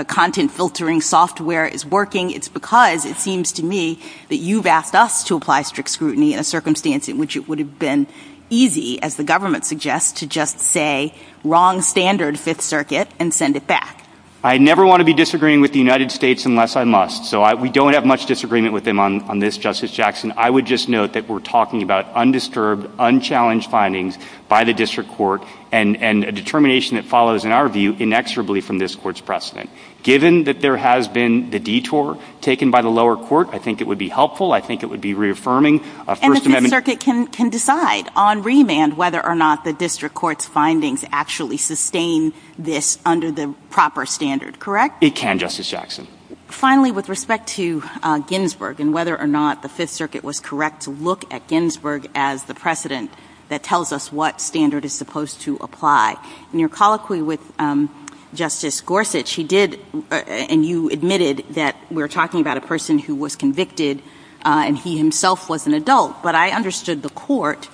content filtering software is working. It's because it seems to me that you've asked us to apply strict scrutiny in a circumstance in which it would have been easy, as the government suggests, to just say wrong standard Fifth Circuit and send it back. I never want to be disagreeing with the United States unless I must. So we don't have much disagreement with them on this, Justice Jackson. I would just note that we're talking about undisturbed, unchallenged findings by the district court and a determination that follows, in our view, inexorably from this court's Given that there has been the detour taken by the lower court, I think it would be helpful. I think it would be reaffirming a First Amendment. And the Fifth Circuit can decide on remand whether or not the district court's findings actually sustain this under the proper standard, correct? It can, Justice Jackson. Finally, with respect to Ginsburg and whether or not the Fifth Circuit was correct to look at Ginsburg as the precedent that tells us what standard is supposed to apply, in your colloquy with Justice Gorsuch, you did, and you admitted that we're talking about a person who was convicted and he himself was an adult. But I understood the court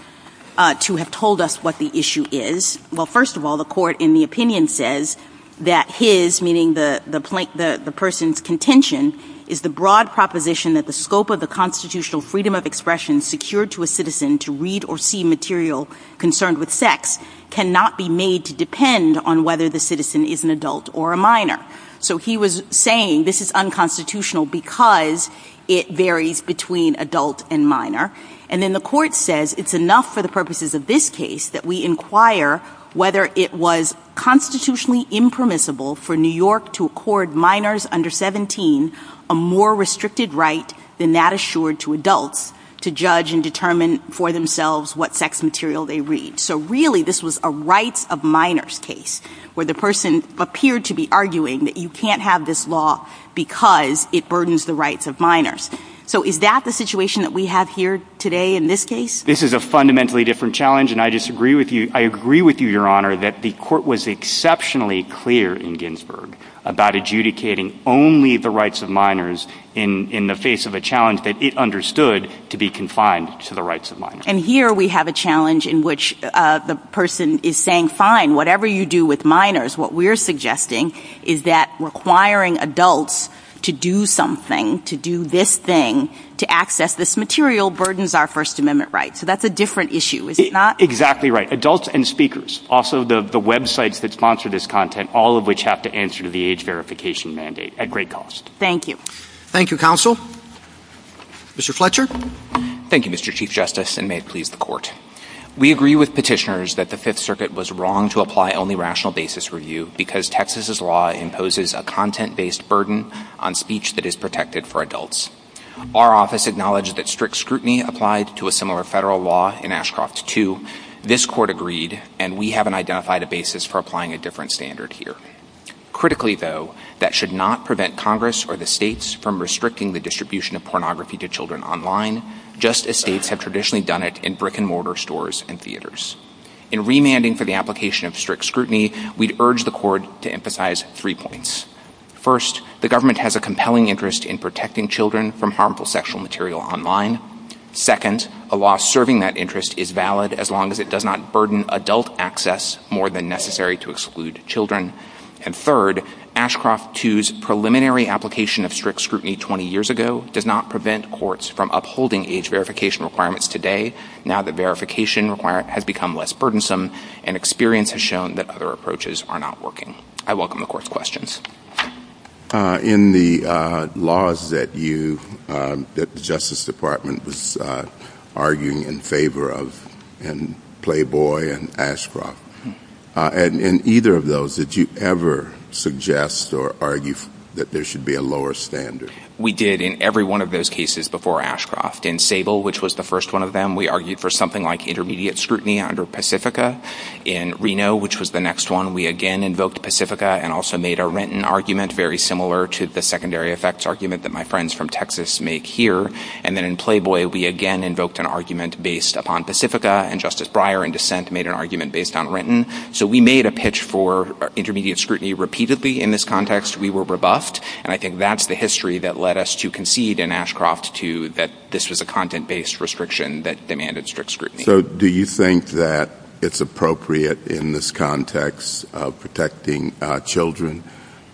to have told us what the issue is. Well, first of all, the court, in the opinion, says that his, meaning the person's contention, is the broad proposition that the scope of the constitutional freedom of expression secured to a citizen to read or see material concerned with sex cannot be made to depend on whether the citizen is an adult or a minor. So he was saying this is unconstitutional because it varies between adult and minor. And then the court says it's enough for the purposes of this case that we inquire whether it was constitutionally impermissible for New York to accord minors under 17 a more restricted right than that assured to adults to judge and determine for themselves what sex material they read. So really this was a rights of minors case where the person appeared to be arguing that you can't have this law because it burdens the rights of minors. So is that the situation that we have here today in this case? This is a fundamentally different challenge and I disagree with you. I agree with you, Your Honor, that the court was exceptionally clear in Ginsburg about adjudicating only the rights of minors in the face of a challenge that it understood to be confined to the rights of minors. And here we have a challenge in which the person is saying, fine, whatever you do with minors, what we're suggesting is that requiring adults to do something, to do this thing, to access this material burdens our First Amendment rights. So that's a different issue, is it not? Exactly right. Adults and speakers. Also the websites that sponsor this content, all of which have to answer to the age verification mandate at great cost. Thank you. Thank you, counsel. Mr. Fletcher. Thank you, Mr. Chief Justice, and may it please the court. We agree with petitioners that the Fifth Circuit was wrong to apply only rational basis review because Texas's law imposes a content-based burden on speech that is protected for adults. Our office acknowledges that strict scrutiny applied to a similar federal law in Ashcroft's 2, this court agreed, and we haven't identified a basis for applying a different standard here. Critically, though, that should not prevent Congress or the states from restricting the distribution of pornography to children online, just as states have traditionally done it in brick-and-mortar stores and theaters. In remanding for the application of strict scrutiny, we'd urge the court to emphasize three points. First, the government has a compelling interest in protecting children from harmful sexual material online. Second, a law serving that interest is valid as long as it does not burden adult access more than necessary to exclude children. And third, Ashcroft 2's preliminary application of strict scrutiny 20 years ago does not prevent courts from upholding age verification requirements today, now that verification has become less burdensome and experience has shown that other approaches are not working. I welcome the court's questions. In the laws that you, that the Justice Department was arguing in favor of in Playboy and Ashcroft, in either of those, did you ever suggest or argue that there should be a lower standard? We did in every one of those cases before Ashcroft. In Sable, which was the first one of them, we argued for something like intermediate scrutiny under Pacifica. In Reno, which was the next one, we again invoked Pacifica and also made a Renton argument, very similar to the secondary effects argument that my friends from Texas make here. And then in Playboy, we again invoked an argument based upon Pacifica and Justice Breyer in dissent made an argument based on Renton. So we made a pitch for intermediate scrutiny repeatedly in this context. We were robust. And I think that's the history that led us to concede in Ashcroft to that this was a content-based restriction that demanded strict scrutiny. So do you think that it's appropriate in this context of protecting children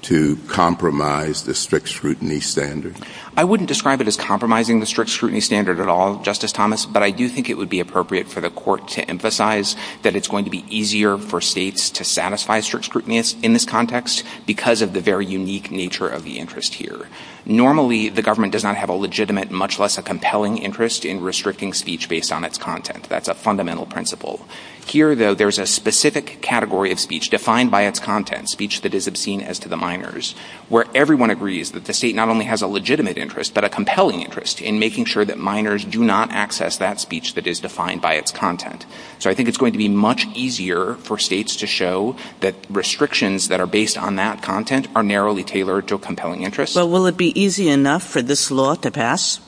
to compromise the strict scrutiny standard? I wouldn't describe it as compromising the strict scrutiny standard at all, Justice Thomas, but I do think it would be appropriate for the court to emphasize that it's going to be easier for states to satisfy strict scrutiny in this context because of the very unique nature of the interest here. Normally, the government does not have a legitimate, much less a compelling interest in restricting speech based on its content. That's a fundamental principle. Here though, there's a specific category of speech defined by its content, speech that is obscene as to the minors, where everyone agrees that the state not only has a legitimate interest but a compelling interest in making sure that minors do not access that speech that is defined by its content. So I think it's going to be much easier for states to show that restrictions that are based on that content are narrowly tailored to a compelling interest. Well, will it be easy enough for this law to pass?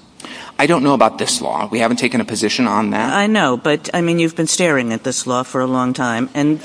I don't know about this law. We haven't taken a position on that. I know, but I mean, you've been staring at this law for a long time. And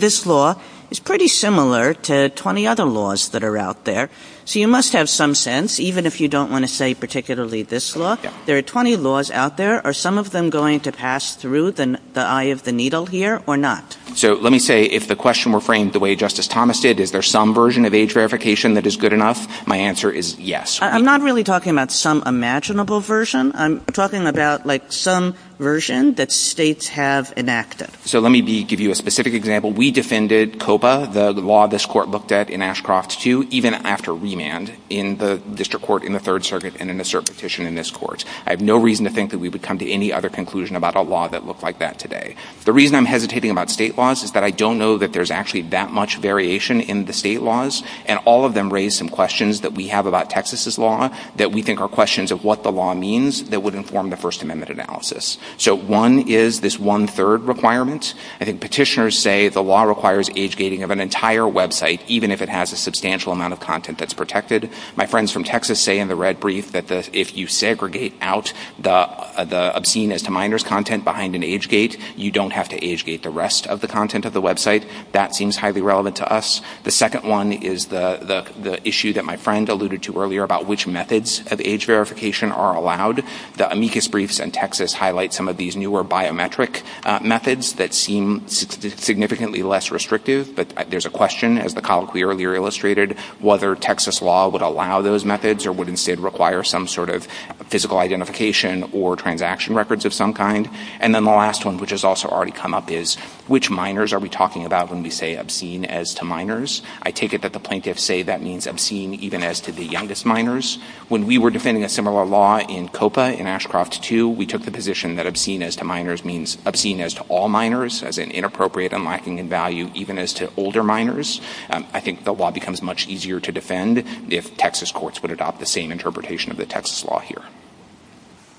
this law is pretty similar to 20 other laws that are out there. So you must have some sense, even if you don't want to say particularly this law. There are 20 laws out there. Are some of them going to pass through the eye of the needle here or not? So let me say, if the question were framed the way Justice Thomas did, is there some version of age verification that is good enough? My answer is yes. I'm not really talking about some imaginable version. I'm talking about, like, some version that states have enacted. So let me give you a specific example. We defended COPA, the law this court looked at in Ashcroft II, even after remand in the district court in the Third Circuit and in a cert petition in this court. I have no reason to think that we would come to any other conclusion about a law that looked like that today. The reason I'm hesitating about state laws is that I don't know that there's actually that much variation in the state laws, and all of them raise some questions that we have about Texas's law that we think are questions of what the law means that would inform the First Amendment analysis. So one is this one-third requirement. I think petitioners say the law requires age-gating of an entire website, even if it has a substantial amount of content that's protected. My friends from Texas say in the red brief that if you segregate out the obscene as content behind an age gate, you don't have to age-gate the rest of the content of the website. That seems highly relevant to us. The second one is the issue that my friend alluded to earlier about which methods of age verification are allowed. The amicus briefs in Texas highlight some of these newer biometric methods that seem significantly less restrictive, but there's a question, as the colloquy earlier illustrated, whether Texas law would allow those methods or would instead require some sort of physical identification or transaction records of some kind. And then the last one, which has also already come up, is which minors are we talking about when we say obscene as to minors? I take it that the plaintiffs say that means obscene even as to the youngest minors. When we were defending a similar law in COPA in Ashcroft II, we took the position that obscene as to minors means obscene as to all minors, as in inappropriate and lacking in value even as to older minors. I think the law becomes much easier to defend if Texas courts would adopt the same interpretation of the Texas law here.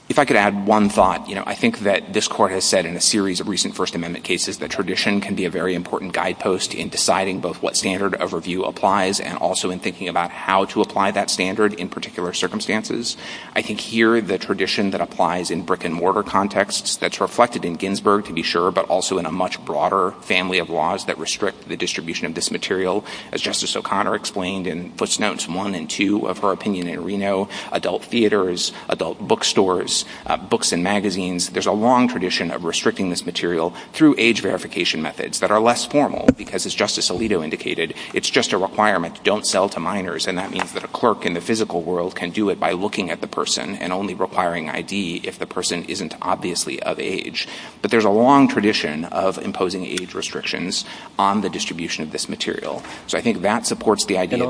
If I could add one thought, I think that this Court has said in a series of recent First Amendment cases that tradition can be a very important guidepost in deciding both what standard of review applies and also in thinking about how to apply that standard in particular circumstances. I think here the tradition that applies in brick and mortar contexts that's reflected in Ginsburg, to be sure, but also in a much broader family of laws that restrict the distribution of this material, as Justice O'Connor explained and puts notes one and two of her opinion in Reno, adult theaters, adult bookstores, books and magazines, there's a long tradition of restricting this material through age verification methods that are less formal because, as Justice Alito indicated, it's just a requirement to don't sell to minors and that means that a clerk in the physical world can do it by looking at the person and only requiring ID if the person isn't obviously of age. But there's a long tradition of imposing age restrictions on the distribution of this material. So I think that supports the idea that-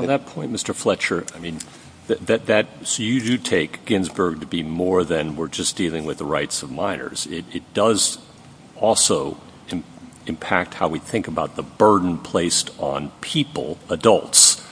So you do take Ginsburg to be more than we're just dealing with the rights of minors. It does also impact how we think about the burden placed on people, adults,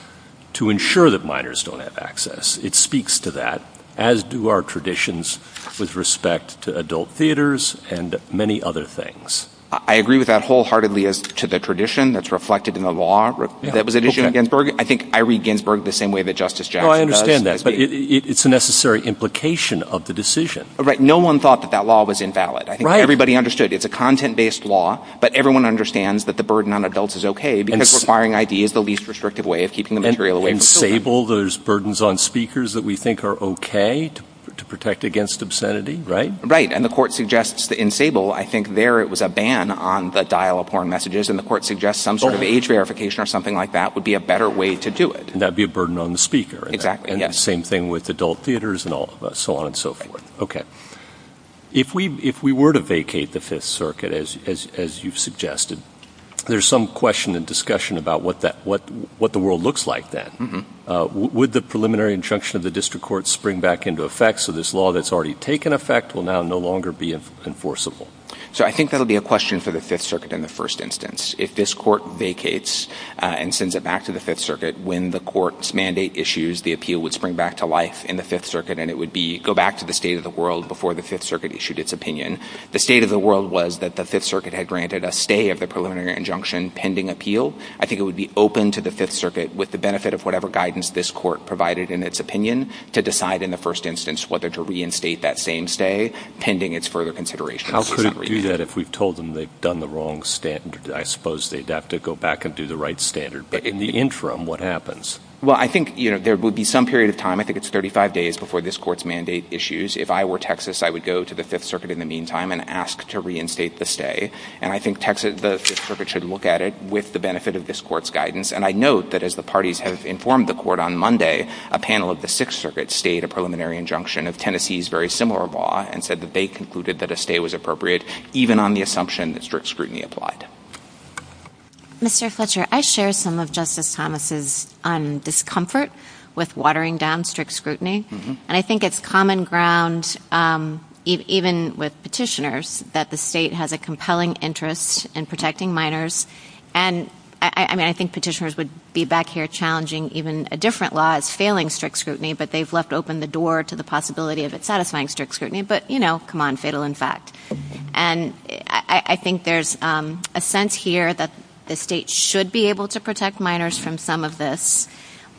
to ensure that minors don't have access. It speaks to that, as do our traditions with respect to adult theaters and many other things. I agree with that wholeheartedly as to the tradition that's reflected in the law that was issued in Ginsburg. I think I read Ginsburg the same way that Justice Jackson does. No, I understand that. But it's a necessary implication of the decision. Right. No one thought that that law was invalid. Right. I think everybody understood. It's a content-based law. But everyone understands that the burden on adults is okay because requiring ID is the least restrictive way of keeping the material away from children. And in Sable, there's burdens on speakers that we think are okay to protect against obscenity, right? Right. And the court suggests that in Sable, I think there it was a ban on the dial-up horn messages and the court suggests some sort of age verification or something like that would be a better way to do it. And that would be a burden on the speaker, right? Exactly. Yes. And the same thing with adult theaters and all of that. So on and so forth. Okay. If we were to vacate the Fifth Circuit, as you've suggested, there's some question and discussion about what the world looks like then. Would the preliminary injunction of the district court spring back into effect so this law that's already taken effect will now no longer be enforceable? So I think that'll be a question for the Fifth Circuit in the first instance. If this court vacates and sends it back to the Fifth Circuit, when the court's mandate issues, the appeal would spring back to life in the Fifth Circuit and it would go back to the state of the world before the Fifth Circuit issued its opinion. The state of the world was that the Fifth Circuit had granted a stay of the preliminary injunction pending appeal. I think it would be open to the Fifth Circuit with the benefit of whatever guidance this court provided in its opinion to decide in the first instance whether to reinstate that same stay pending its further considerations. How could it do that if we told them they've done the wrong standard? I suppose they'd have to go back and do the right standard. But in the interim, what happens? Well, I think there would be some period of time, I think it's 35 days before this court's mandate issues. If I were Texas, I would go to the Fifth Circuit in the meantime and ask to reinstate the stay. And I think the Fifth Circuit should look at it with the benefit of this court's guidance. And I note that as the parties have informed the court on Monday, a panel of the Sixth Circuit stayed a preliminary injunction of Tennessee's very similar law and said that they concluded that a stay was appropriate, even on the assumption that strict scrutiny applied. Mr. Fletcher, I share some of Justice Thomas' discomfort with watering down strict scrutiny. And I think it's common ground, even with petitioners, that the state has a compelling interest in protecting minors. And I mean, I think petitioners would be back here challenging even a different law as failing strict scrutiny, but they've left open the door to the possibility of it satisfying strict scrutiny. But, you know, come on, fatal in fact. And I think there's a sense here that the state should be able to protect minors from some of this,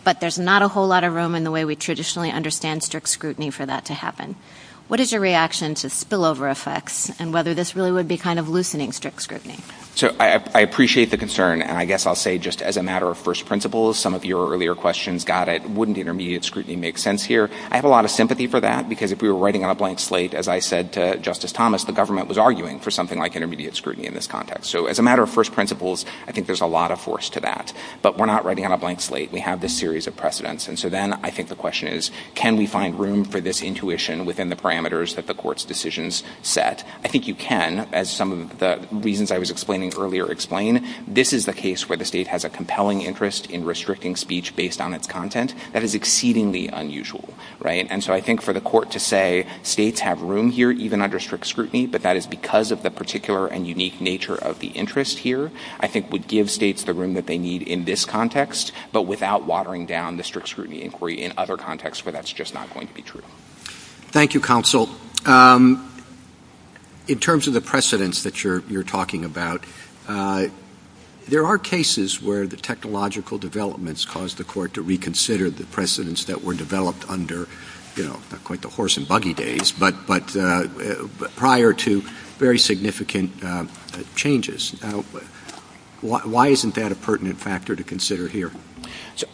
but there's not a whole lot of room in the way we traditionally understand strict scrutiny for that to happen. What is your reaction to spillover effects and whether this really would be kind of loosening strict scrutiny? So I appreciate the concern. And I guess I'll say just as a matter of first principles, some of your earlier questions got it. Wouldn't intermediate scrutiny make sense here? I have a lot of sympathy for that, because if we were writing on a blank slate, as I said to Justice Thomas, the government was arguing for something like intermediate scrutiny in this context. So as a matter of first principles, I think there's a lot of force to that. But we're not writing on a blank slate. We have this series of precedents. And so then I think the question is, can we find room for this intuition within the parameters that the court's decisions set? I think you can, as some of the reasons I was explaining earlier explain. This is the case where the state has a compelling interest in restricting speech based on its content that is exceedingly unusual. And so I think for the court to say states have room here even under strict scrutiny, but that is because of the particular and unique nature of the interest here, I think would give states the room that they need in this context, but without watering down the strict scrutiny inquiry in other contexts where that's just not going to be true. Thank you, counsel. In terms of the precedents that you're talking about, there are cases where the technological developments caused the court to reconsider the precedents that were developed under quite the horse and buggy days, but prior to very significant changes. Why isn't that a pertinent factor to consider here?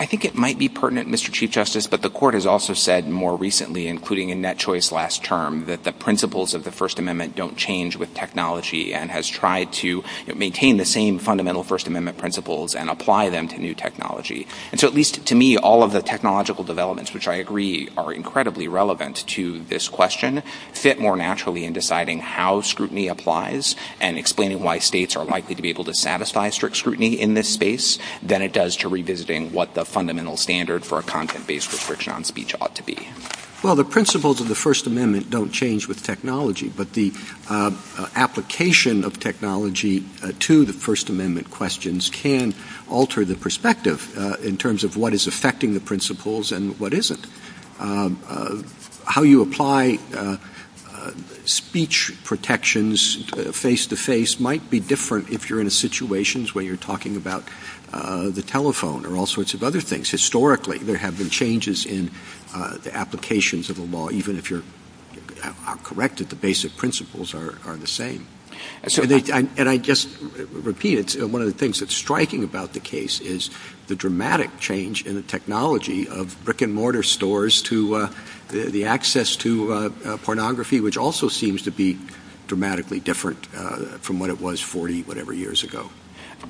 I think it might be pertinent, Mr. Chief Justice, but the court has also said more recently, including in that choice last term, that the principles of the First Amendment don't change with technology and has tried to maintain the same fundamental First Amendment principles and apply them to new technology. And so at least to me, all of the technological developments, which I agree are incredibly relevant to this question, fit more naturally in deciding how scrutiny applies and explaining why states are likely to be able to satisfy strict scrutiny in this space than it does to revisiting what the fundamental standard for a content-based restriction on speech ought to be. Well, the principles of the First Amendment don't change with technology, but the application of technology to the First Amendment questions can alter the perspective in terms of what is affecting the principles and what isn't. How you apply speech protections face-to-face might be different if you're in a situation where you're talking about the telephone or all sorts of other things. Historically, there have been changes in the applications of the law. Even if you're corrected, the basic principles are the same. And I just repeat it, one of the things that's striking about the case is the dramatic change in the technology of brick-and-mortar stores to the access to pornography, which also seems to be dramatically different from what it was 40-whatever years ago.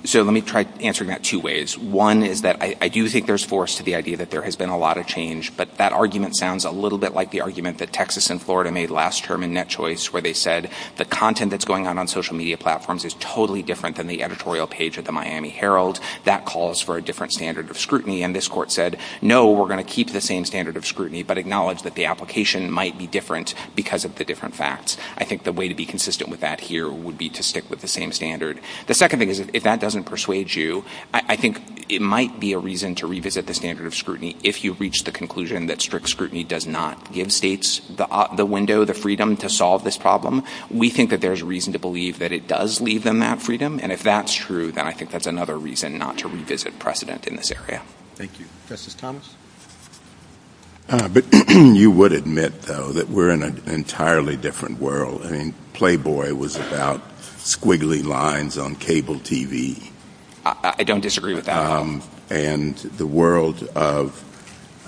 So let me try answering that two ways. One is that I do think there's force to the idea that there has been a lot of change, but that argument sounds a little bit like the argument that Texas and Florida made last term in NetChoice where they said the content that's going on on social media platforms is totally different than the editorial page of the Miami Herald. That calls for a different standard of scrutiny, and this court said, no, we're going to keep the same standard of scrutiny but acknowledge that the application might be different because of the different facts. I think the way to be consistent with that here would be to stick with the same standard. The second thing is if that doesn't persuade you, I think it might be a reason to revisit the standard of scrutiny if you've reached the conclusion that strict scrutiny does not give states the window, the freedom to solve this problem. We think that there's reason to believe that it does leave them that freedom, and if that's true, then I think that's another reason not to revisit precedent in this area. Thank you. Justice Thomas? But you would admit, though, that we're in an entirely different world. I mean, Playboy was about squiggly lines on cable TV. I don't disagree with that. And the world of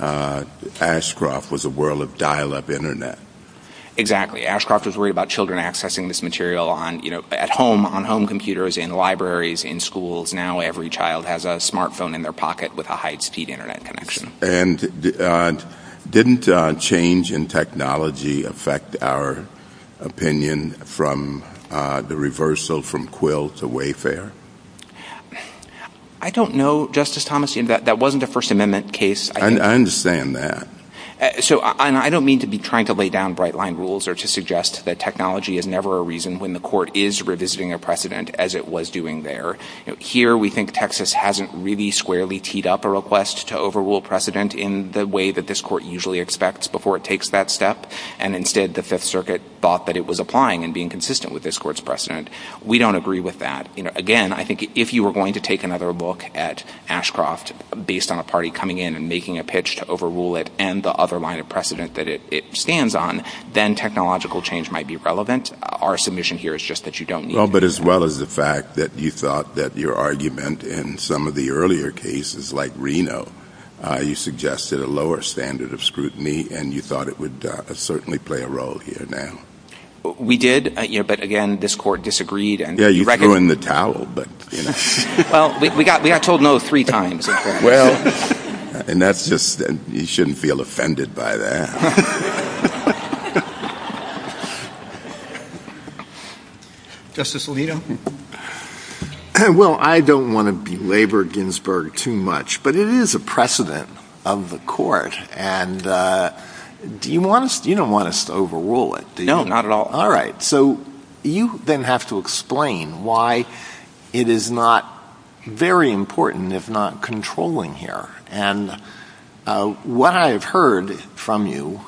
Ashcroft was a world of dial-up Internet. Ashcroft was worried about children accessing this material on, you know, at home, on home computers in libraries, in schools. Now every child has a smartphone in their pocket with a high-speed Internet connection. And didn't change in technology affect our opinion from the reversal from Quill to Wayfair? I don't know, Justice Thomas. That wasn't a First Amendment case. I understand that. So I don't mean to be trying to lay down bright-line rules or to suggest that technology is never a reason when the court is revisiting a precedent as it was doing there. Here we think Texas hasn't really squarely teed up a request to overrule precedent in the way that this court usually expects before it takes that step, and instead the Fifth Circuit thought that it was applying and being consistent with this court's precedent. We don't agree with that. Again, I think if you were going to take another look at Ashcroft based on a party coming in and making a pitch to overrule it and the other line of precedent that it stands on, then technological change might be relevant. Our submission here is just that you don't need to. Well, but as well as the fact that you thought that your argument in some of the earlier cases like Reno, you suggested a lower standard of scrutiny and you thought it would certainly play a role here now. We did. But again, this court disagreed. Yeah, you threw in the towel, but, you know, well, we got, we got told no three times. Well, and that's just, you shouldn't feel offended by that. Justice Alito. Well, I don't want to belabor Ginsburg too much, but it is a precedent of the court. And do you want us, you don't want us to overrule it. No, not at all. All right. So you then have to explain why it is not very important, if not controlling here. And what I've heard from you,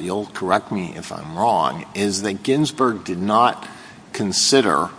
you'll correct me if I'm wrong, is that Ginsburg did not consider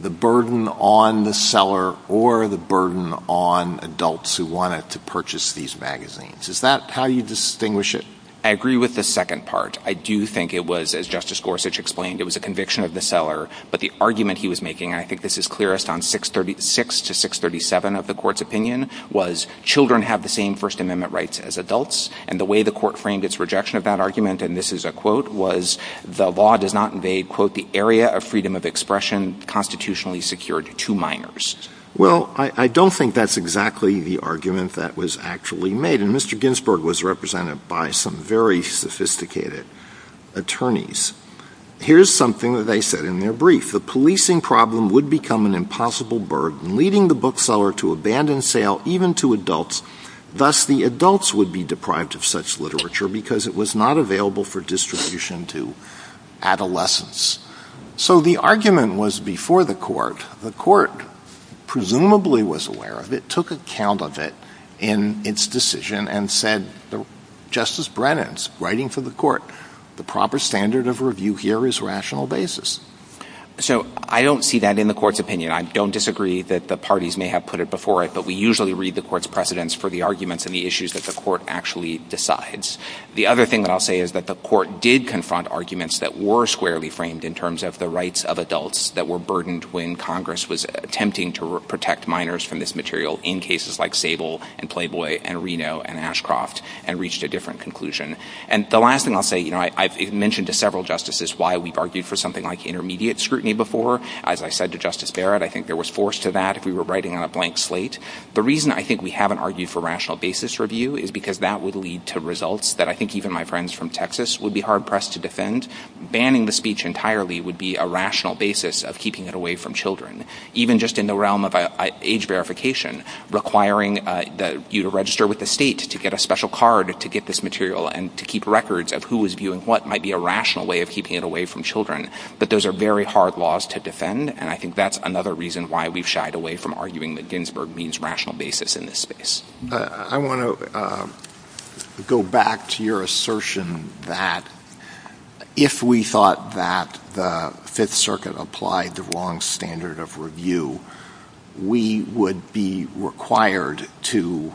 the burden on the seller or the burden on adults who wanted to purchase these magazines. Is that how you distinguish it? I agree with the second part. I do think it was, as Justice Gorsuch explained, it was a conviction of the seller, but the argument he was making, and I think this is clearest on 636 to 637 of the court's opinion was children have the same first amendment rights as adults. And the way the court framed its rejection of that argument, and this is a quote, was the law does not invade, quote, the area of freedom of expression constitutionally secured to minors. Well, I don't think that's exactly the argument that was actually made. And Mr. Ginsburg was represented by some very sophisticated attorneys. Here's something that they said in their brief, the policing problem would become an impossible burden leading the bookseller to abandon sale even to adults, thus the adults would be deprived of such literature because it was not available for distribution to adolescents. So the argument was before the court, the court presumably was aware of it, took account of it in its decision and said, Justice Brennan's writing for the court, the proper standard of review here is rational basis. So I don't see that in the court's opinion. I don't disagree that the parties may have put it before it, but we usually read the court's precedents for the arguments and the issues that the court actually decides. The other thing that I'll say is that the court did confront arguments that were squarely framed in terms of the rights of adults that were burdened when Congress was attempting to protect minors from this material in cases like Sable and Playboy and Reno and Ashcroft and reached a different conclusion. And the last thing I'll say, you know, I've mentioned to several justices why we've argued for something like intermediate scrutiny before, as I said to Justice Barrett, I think there was force to that if we were writing on a blank slate. The reason I think we haven't argued for rational basis review is because that would lead to results that I think even my friends from Texas would be hard pressed to defend. Banning the speech entirely would be a rational basis of keeping it away from children. Even just in the realm of age verification, requiring you to register with the state to get a special card to get this material and to keep records of who is viewing what might be a rational way of keeping it away from children. But those are very hard laws to defend, and I think that's another reason why we've shied away from arguing that Ginsburg means rational basis in this space. I want to go back to your assertion that if we thought that the Fifth Circuit applied the long standard of review, we would be required to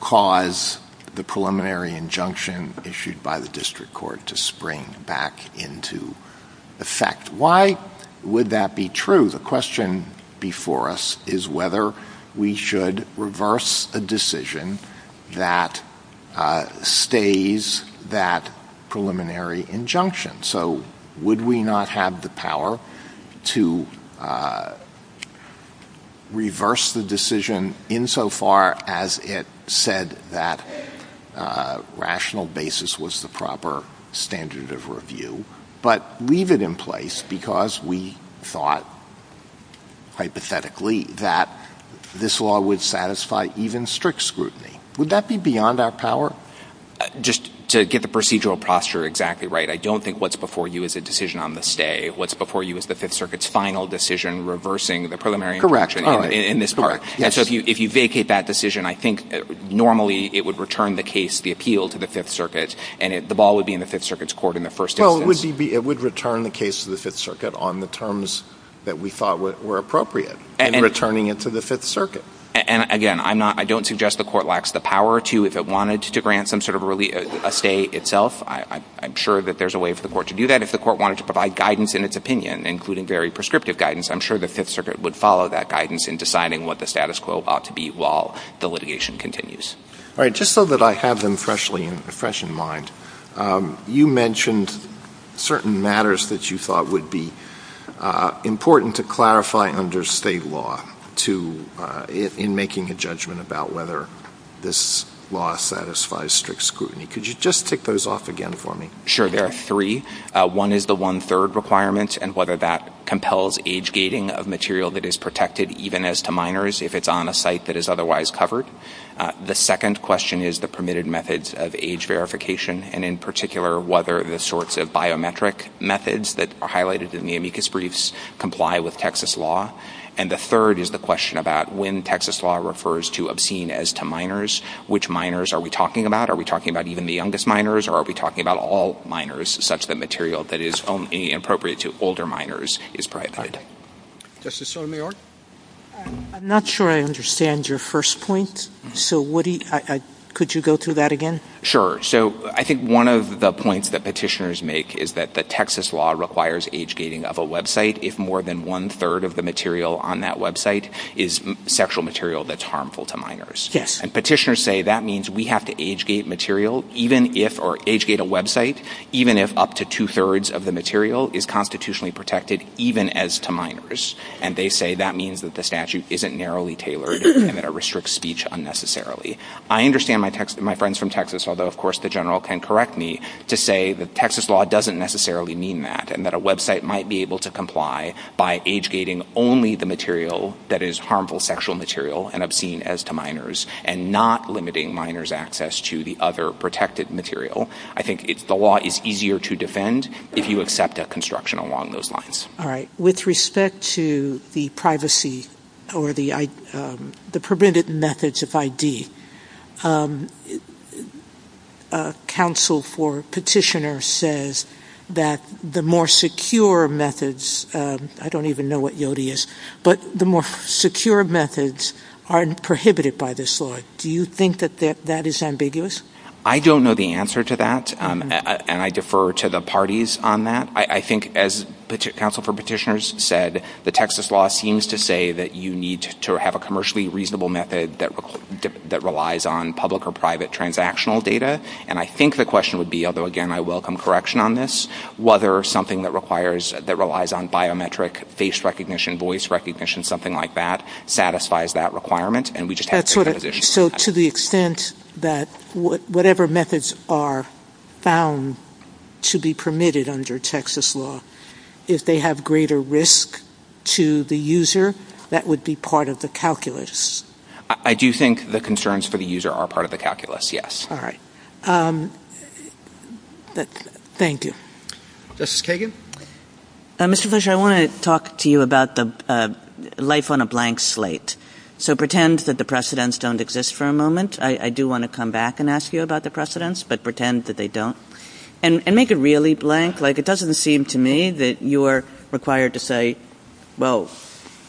cause the preliminary injunction issued by the district court to spring back into effect. Why would that be true? The question before us is whether we should reverse a decision that stays that preliminary injunction. So would we not have the power to reverse the decision insofar as it said that rational basis was the proper standard of review, but leave it in place because we thought hypothetically that this law would satisfy even strict scrutiny? Would that be beyond our power? Just to get the procedural posture exactly right, I don't think what's before you is a decision on the stay. What's before you is the Fifth Circuit's final decision reversing the preliminary injunction in this court. And so if you vacate that decision, I think normally it would return the case, the appeal to the Fifth Circuit, and the ball would be in the Fifth Circuit's court in the first instance. Well, it would return the case to the Fifth Circuit on the terms that we thought were appropriate in returning it to the Fifth Circuit. And again, I don't suggest the court lacks the power to, if it wanted to grant some sort of a stay itself, I'm sure that there's a way for the court to do that. If the court wanted to provide guidance in its opinion, including very prescriptive guidance, I'm sure the Fifth Circuit would follow that guidance in deciding what the status quo ought to be while the litigation continues. All right, just so that I have them fresh in mind, you mentioned certain matters that you thought would be important to clarify under state law in making a judgment about whether this law satisfies strict scrutiny. Could you just tick those off again for me? Sure, there are three. One is the one-third requirement and whether that compels age gating of material that is protected, even as to minors, if it's on a site that is otherwise covered. The second question is the permitted methods of age verification, and in particular, whether the sorts of biometric methods that are highlighted in the amicus briefs comply with Texas law. And the third is the question about when Texas law refers to obscene as to minors. Which minors are we talking about? Are we talking about even the youngest minors, or are we talking about all minors, such that material that is only appropriate to older minors is prioritized? Justice Sotomayor? I'm not sure I understand your first point, so could you go through that again? Sure. So I think one of the points that petitioners make is that the Texas law requires age gating of a website if more than one-third of the material on that website is sexual material that's harmful to minors. And petitioners say that means we have to age gate material, or age gate a website, even if up to two-thirds of the material is constitutionally protected, even as to minors. And they say that means that the statute isn't narrowly tailored and that it restricts speech unnecessarily. I understand my friends from Texas, although of course the general can correct me, to say that Texas law doesn't necessarily mean that, and that a website might be able to comply by age gating only the material that is harmful sexual material and obscene as to minors, and not limiting minors' access to the other protected material. I think the law is easier to defend if you accept that construction along those lines. All right. With respect to the privacy or the prevented methods of ID, a counsel for petitioner says that the more secure methods, I don't even know what YODI is, but the more secure methods aren't prohibited by this law. Do you think that that is ambiguous? I don't know the answer to that, and I defer to the parties on that. I think as counsel for petitioners said, the Texas law seems to say that you need to have a commercially reasonable method that relies on public or private transactional data, and I think the question would be, although again I welcome correction on this, whether something that requires, that relies on biometric face recognition, voice recognition, something like that, satisfies that requirement, and we just have to make a decision. So to the extent that whatever methods are found to be permitted under Texas law, if they have greater risk to the user, that would be part of the calculus? I do think the concerns for the user are part of the calculus, yes. All right. Thank you. Justice Kagan? Mr. Fletcher, I want to talk to you about the life on a blank slate. So pretend that the precedents don't exist for a moment. I do want to come back and ask you about the precedents, but pretend that they don't. And make it really blank. It doesn't seem to me that you are required to say, well,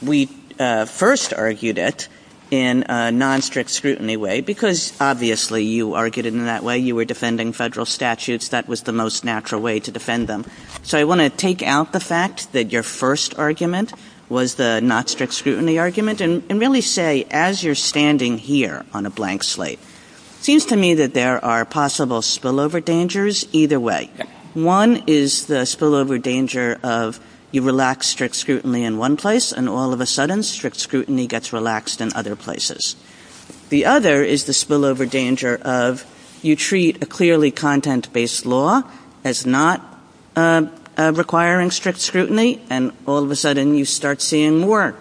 we first argued it in a non-strict scrutiny way, because obviously you argued it in that way. You were defending federal statutes. That was the most natural way to defend them. So I want to take out the fact that your first argument was the non-strict scrutiny argument and really say, as you're standing here on a blank slate, it seems to me that there are possible spillover dangers either way. One is the spillover danger of you relax strict scrutiny in one place, and all of a sudden strict scrutiny gets relaxed in other places. The other is the spillover danger of you treat a clearly content-based law as not requiring strict scrutiny, and all of a sudden you start seeing more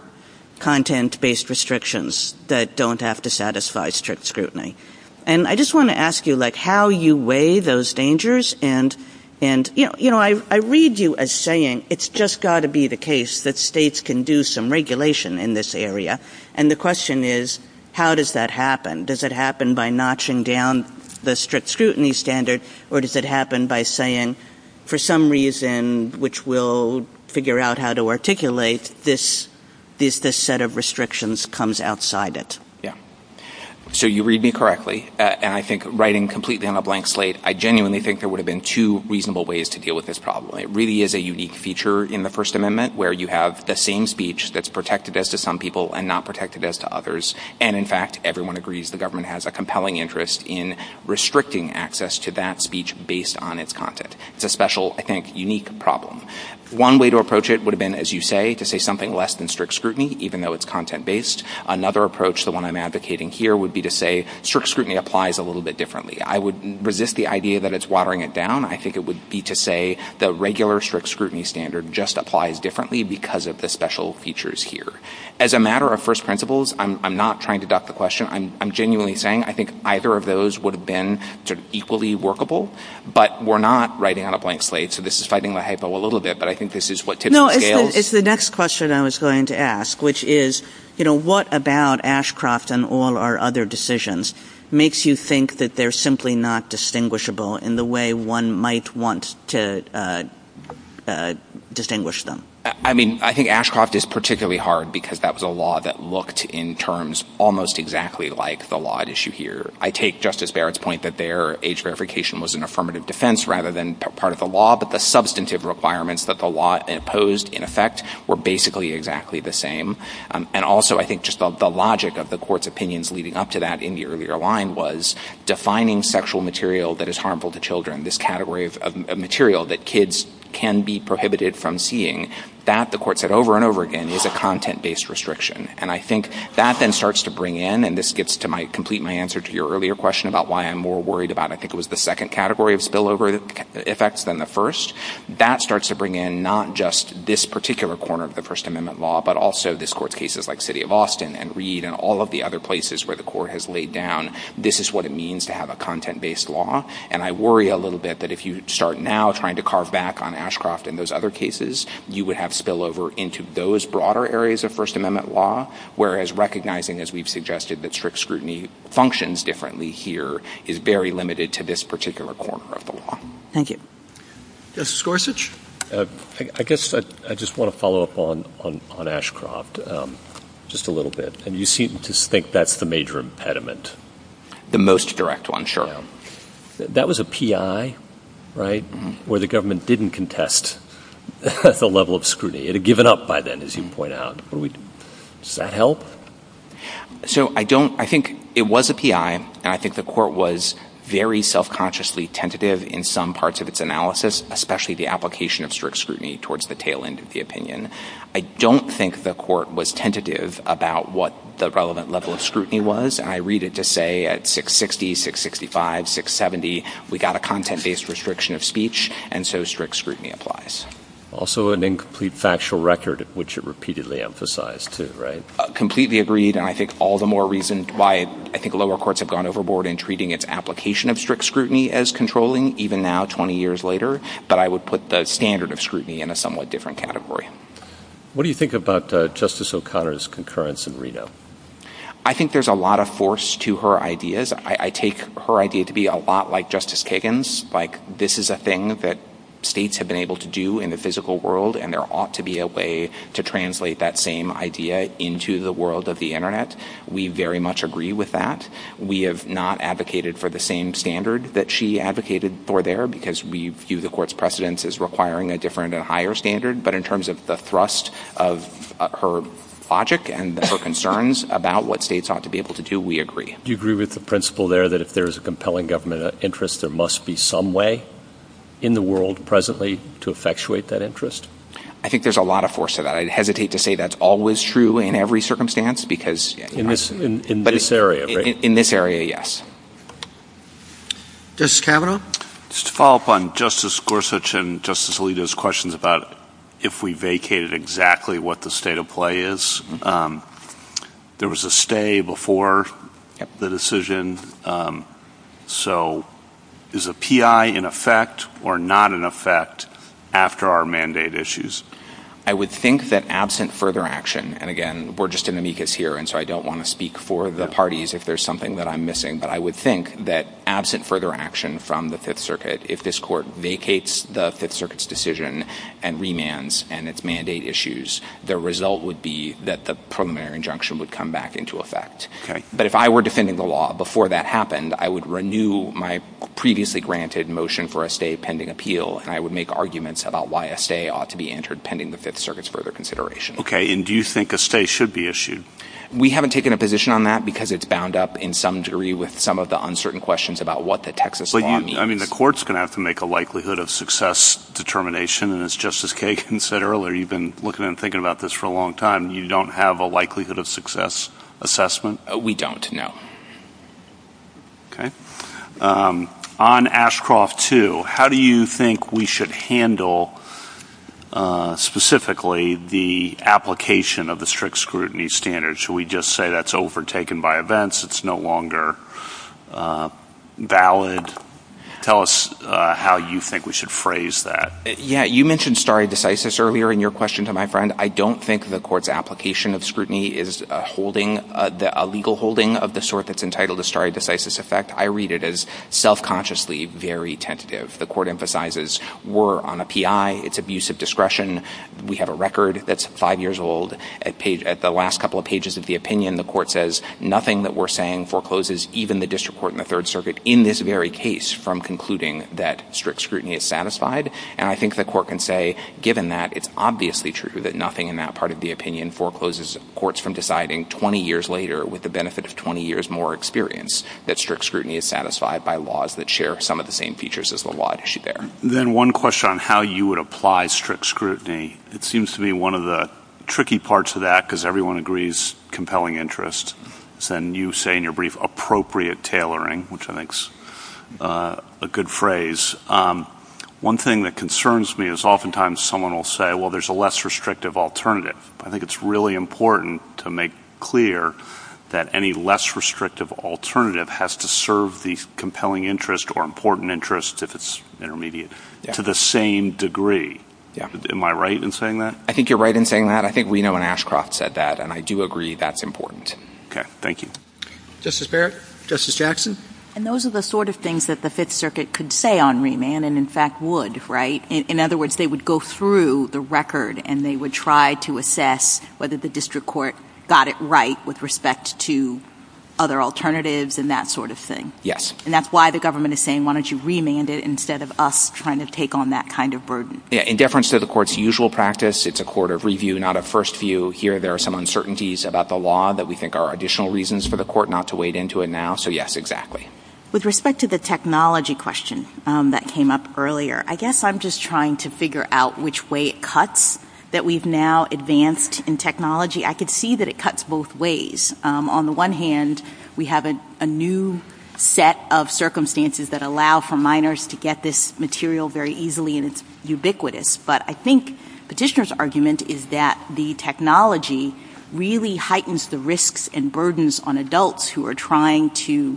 content-based restrictions that don't have to satisfy strict scrutiny. And I just want to ask you, like, how you weigh those dangers and, you know, I read you as saying it's just got to be the case that states can do some regulation in this area. And the question is, how does that happen? Does it happen by notching down the strict scrutiny standard, or does it happen by saying for some reason, which we'll figure out how to articulate, this set of restrictions comes outside it? Yeah. So you read me correctly, and I think writing completely on a blank slate, I genuinely think there would have been two reasonable ways to deal with this problem. It really is a unique feature in the First Amendment where you have the same speech that's protected as to some people and not protected as to others. And in fact, everyone agrees the government has a compelling interest in restricting access to that speech based on its content. It's a special, I think, unique problem. One way to approach it would have been, as you say, to say something less than strict scrutiny, even though it's content-based. Another approach, the one I'm advocating here, would be to say strict scrutiny applies a little bit differently. I would resist the idea that it's watering it down. I think it would be to say the regular strict scrutiny standard just applies differently because of the special features here. As a matter of first principles, I'm not trying to duck the question. I'm genuinely saying I think either of those would have been equally workable, but we're not writing on a blank slate, so this is fighting the hypo a little bit, but I think this is what typically fails. No, it's the next question I was going to ask, which is, you know, what about Ashcroft and all our other decisions makes you think that they're simply not distinguishable in the way one might want to distinguish them? I mean, I think Ashcroft is particularly hard because that was a law that looked in terms almost exactly like the law at issue here. I take Justice Barrett's point that their age verification was an affirmative defense rather than part of the law, but the substantive requirements that the law imposed, in effect, were basically exactly the same, and also I think just the logic of the court's opinions leading up to that in the earlier line was defining sexual material that is harmful to children, this category of material that kids can be prohibited from seeing, that, the court said over and over again, was a content-based restriction, and I think that then starts to bring in, and this gets to my complete answer to your earlier question about why I'm more worried about, I think it was the second category of spillover effects than the first, that starts to bring in not just this particular corner of the First Amendment law, but also this court's cases like City of Austin and Reed and all of the other places where the court has laid down, this is what it means to have a content-based law, and I worry a little bit that if you start now trying to carve back on Ashcroft and those other cases, you would have spillover into those broader areas of First Amendment law, whereas recognizing, as we've suggested, that strict scrutiny functions differently here is very limited to this particular corner of the law. Thank you. Justice Gorsuch, I guess I just want to follow up on Ashcroft just a little bit, and you seem to think that's the major impediment. The most direct one, sure. That was a PI, right, where the government didn't contest the level of scrutiny, it had given up by then, as you point out. Does that help? So I think it was a PI, and I think the court was very self-consciously tentative in some parts of its analysis, especially the application of strict scrutiny towards the tail end of the opinion. I don't think the court was tentative about what the relevant level of scrutiny was, and I read it to say at 660, 665, 670, we got a content-based restriction of speech, and so strict scrutiny applies. Also an incomplete factual record, which it repeatedly emphasized, too, right? Completely agreed, and I think all the more reason why I think lower courts have gone overboard in treating its application of strict scrutiny as controlling, even now, 20 years later, but I would put the standard of scrutiny in a somewhat different category. What do you think about Justice O'Connor's concurrence in Reno? I think there's a lot of force to her ideas. I take her idea to be a lot like Justice Kagan's, like this is a thing that states have been able to do in the physical world, and there ought to be a way to translate that same idea into the world of the Internet. We very much agree with that. We have not advocated for the same standard that she advocated for there, because we view the court's precedence as requiring a different and higher standard, but in terms of the thrust of her logic and her concerns about what states ought to be able to do, we agree. Do you agree with the principle there that if there is a compelling government interest, there must be some way in the world presently to effectuate that interest? I think there's a lot of force to that. I hesitate to say that's always true in every circumstance, because... In this area, right? In this area, yes. Justice Kavanaugh? Just to follow up on Justice Gorsuch and Justice Alito's questions about if we vacated exactly what the state of play is, there was a stay before the decision, so is a P.I. in effect or not in effect after our mandate issues? I would think that absent further action, and again, we're just in amicus here, so I don't want to speak for the parties if there's something that I'm missing, but I would think that absent further action from the Fifth Circuit, if this court vacates the Fifth Circuit's decision and remands and its mandate issues, the result would be that the preliminary injunction would come back into effect, but if I were defending the law before that happened, I would renew my previously granted motion for a stay pending appeal, and I would make arguments about why a stay ought to be entered pending the Fifth Circuit's further consideration. Okay, and do you think a stay should be issued? We haven't taken a position on that, because it's bound up in some degree with some of the uncertain questions about what the Texas law means. I mean, the court's going to have to make a likelihood of success determination, and as Justice Kagan said earlier, you've been looking and thinking about this for a long time. You don't have a likelihood of success assessment? We don't, no. Okay. On Ashcroft 2, how do you think we should handle specifically the application of the strict scrutiny standards? Should we just say that's overtaken by events, it's no longer valid? Tell us how you think we should phrase that. Yeah, you mentioned stare decisis earlier in your question to my friend. I don't think the court's application of scrutiny is a legal holding of the sort that's entitled to stare decisis effect. I read it as self-consciously very tentative. The court emphasizes we're on a PI, it's abuse of discretion. We have a record that's five years old. At the last couple of pages of the opinion, the court says nothing that we're saying forecloses even the district court and the third circuit in this very case from concluding that strict scrutiny is satisfied. And I think the court can say, given that, it's obviously true that nothing in that part of the opinion forecloses courts from deciding 20 years later with the benefit of 20 years more experience that strict scrutiny is satisfied by laws that share some of the same features as the law at issue there. Then one question on how you would apply strict scrutiny. It seems to be one of the tricky parts of that because everyone agrees compelling interest. And you say in your brief appropriate tailoring, which I think is a good phrase. One thing that concerns me is oftentimes someone will say, well, there's a less restrictive alternative. I think it's really important to make clear that any less restrictive alternative has to serve the compelling interest or important interest if it's intermediate to the same degree. Yeah. Am I right in saying that? I think you're right in saying that. I think Reno and Ashcroft said that, and I do agree that's important. Okay. Thank you. Justice Barrett. Justice Jackson. And those are the sort of things that the fifth circuit could say on remand, and in fact would, right? In other words, they would go through the record and they would try to assess whether the district court got it right with respect to other alternatives and that sort of thing. And that's why the government is saying, why don't you remand it instead of us trying to take on that kind of burden? In deference to the court's usual practice, it's a court of review, not a first view. Here there are some uncertainties about the law that we think are additional reasons for the court not to wade into it now, so yes, exactly. With respect to the technology question that came up earlier, I guess I'm just trying to figure out which way it cuts that we've now advanced in technology. I could see that it cuts both ways. On the one hand, we have a new set of circumstances that allow for minors to get this material very easily and it's ubiquitous, but I think Petitioner's argument is that the technology really heightens the risks and burdens on adults who are trying to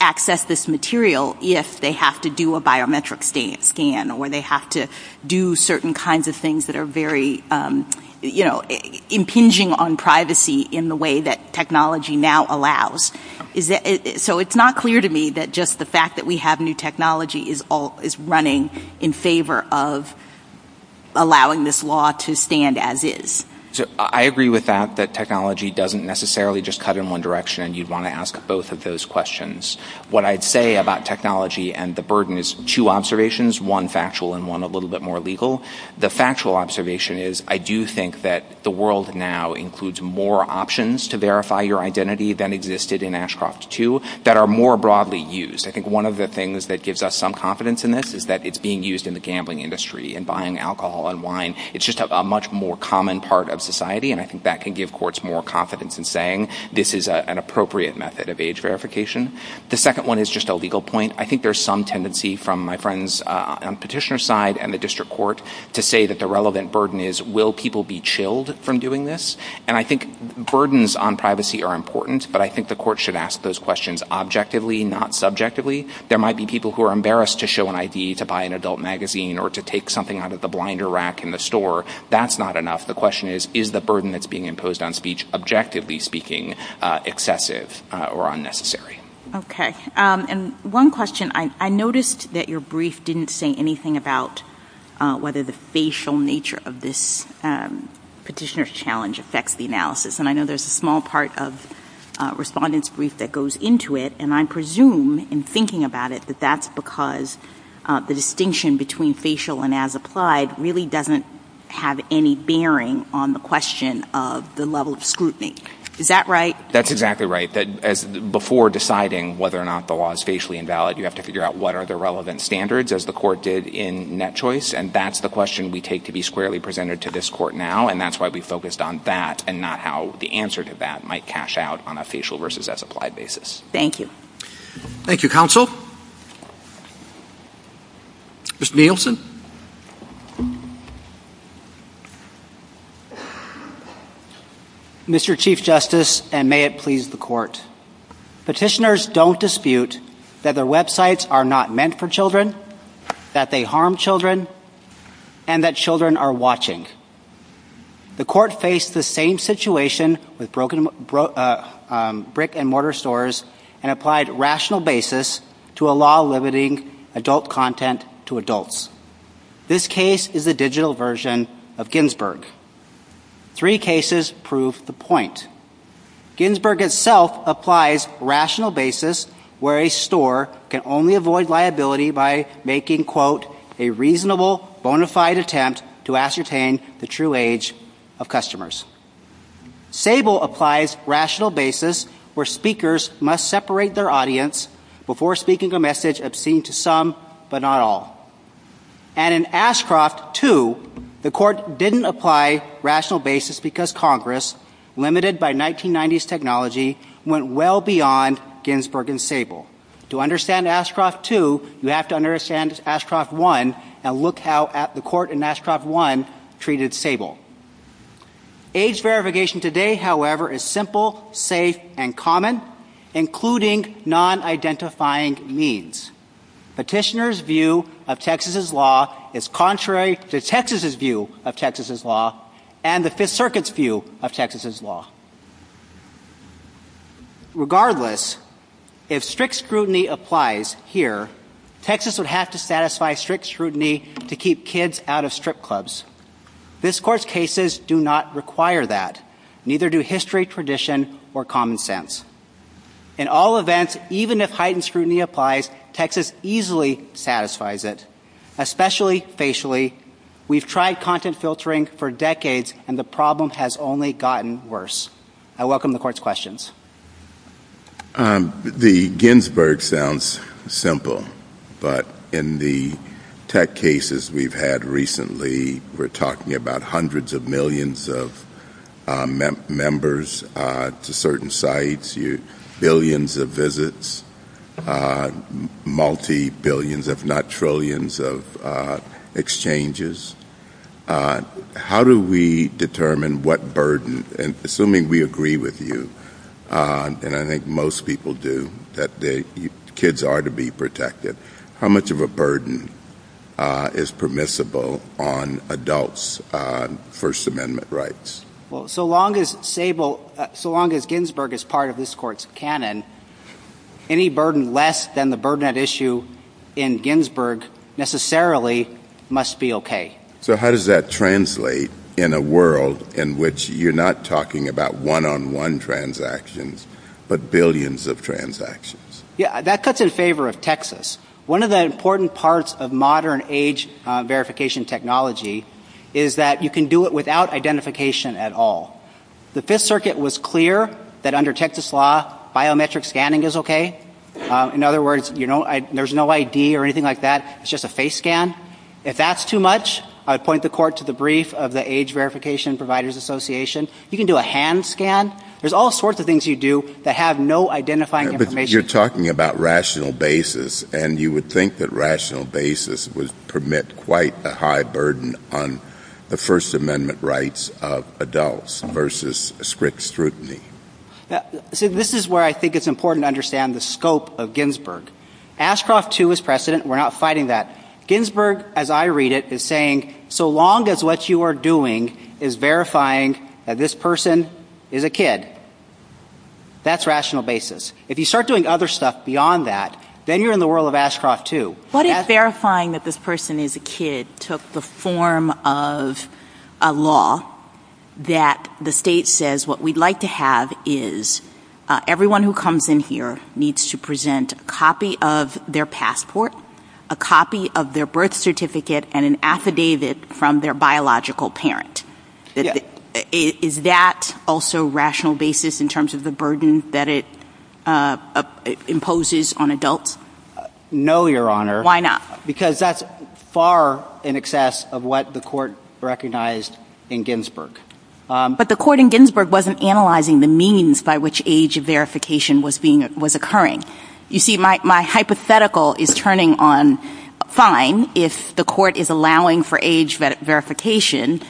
access this material if they have to do a biometric scan or they have to do certain kinds of things that are very impinging on privacy in the way that technology now allows. So it's not clear to me that just the fact that we have new technology is running in favor of allowing this law to stand as is. I agree with that, that technology doesn't necessarily just cut in one direction and you'd want to ask both of those questions. What I'd say about technology and the burden is two observations, one factual and one a little bit more legal. The factual observation is I do think that the world now includes more options to verify your identity than existed in Ashcroft II that are more broadly used. I think one of the things that gives us some confidence in this is that it's being used in the gambling industry and buying alcohol and wine. It's just a much more common part of society and I think that can give courts more confidence in saying this is an appropriate method of age verification. The second one is just a legal point. I think there's some tendency from my friend's petitioner side and the district court to say that the relevant burden is will people be chilled from doing this and I think burdens on privacy are important but I think the court should ask those questions objectively, not subjectively. There might be people who are embarrassed to show an ID to buy an adult magazine or to take something out of the blinder rack in the store, that's not enough. The question is, is the burden that's being imposed on speech, objectively speaking, excessive or unnecessary? Okay. And one question, I noticed that your brief didn't say anything about whether the facial nature of this petitioner's challenge affects the analysis and I know there's a small part of respondents' brief that goes into it and I presume in thinking about it that that's because the distinction between facial and as applied really doesn't have any bearing on the question of the level of scrutiny. Is that right? That's exactly right. Before deciding whether or not the law is facially invalid, you have to figure out what are the relevant standards as the court did in net choice and that's the question we take to be squarely presented to this court now and that's why we focused on that and not how the answer to that might cash out on a facial versus as applied basis. Thank you. Thank you, counsel. Mr. Nielsen. Mr. Chief Justice, and may it please the court, petitioners don't dispute that their websites are not meant for children, that they harm children, and that children are watching. The court faced the same situation with brick and mortar stores and applied rational basis to a law limiting adult content to adults. This case is a digital version of Ginsburg. Three cases prove the point. Ginsburg itself applies rational basis where a store can only avoid liability by making quote, a reasonable bona fide attempt to ascertain the true age of customers. Sable applies rational basis where speakers must separate their audience before speaking a message obscene to some but not all. And in Ashcroft 2, the court didn't apply rational basis because Congress, limited by 1990s technology, went well beyond Ginsburg and Sable. To understand Ashcroft 2, you have to understand Ashcroft 1 and look how the court in Ashcroft 1 treated Sable. Age verification today, however, is simple, safe, and common, including non-identifying means. Petitioner's view of Texas's law is contrary to Texas's view of Texas's law and the Fifth Circuit's view of Texas's law. Regardless, if strict scrutiny applies here, Texas would have to satisfy strict scrutiny to keep kids out of strip clubs. This court's cases do not require that. Neither do history, tradition, or common sense. In all events, even if heightened scrutiny applies, Texas easily satisfies it, especially facially. We've tried content filtering for decades, and the problem has only gotten worse. I welcome the court's questions. The Ginsburg sounds simple, but in the tech cases we've had recently, we're talking about hundreds of millions of members to certain sites, billions of visits, multi-billions if not trillions of exchanges. How do we determine what burden, and assuming we agree with you, and I think most people do, that kids are to be protected, how much of a burden is permissible on adults on First Amendment rights? Well, so long as Sable, so long as Ginsburg is part of this court's canon, any burden less than the burden of issue in Ginsburg necessarily must be okay. So how does that translate in a world in which you're not talking about one-on-one transactions, but billions of transactions? Yeah, that cuts in favor of Texas. One of the important parts of modern age verification technology is that you can do it without identification at all. The Fifth Circuit was clear that under Texas law, biometric scanning is okay. In other words, there's no ID or anything like that, it's just a face scan. If that's too much, I'd point the court to the brief of the Age Verification Providers Association. You can do a hand scan. There's all sorts of things you do that have no identifying information. But you're talking about rational basis, and you would think that rational basis would This is where I think it's important to understand the scope of Ginsburg. Ashcroft 2 is precedent, we're not fighting that. Ginsburg, as I read it, is saying, so long as what you are doing is verifying that this person is a kid, that's rational basis. If you start doing other stuff beyond that, then you're in the world of Ashcroft 2. What is verifying that this person is a kid took the form of a law that the state says what we'd like to have is everyone who comes in here needs to present a copy of their passport, a copy of their birth certificate, and an affidavit from their biological parent. Is that also rational basis in terms of the burden that it imposes on adults? No, Your Honor. Why not? Because that's far in excess of what the court recognized in Ginsburg. But the court in Ginsburg wasn't analyzing the means by which age verification was occurring. You see, my hypothetical is turning on, fine, if the court is allowing for age verification,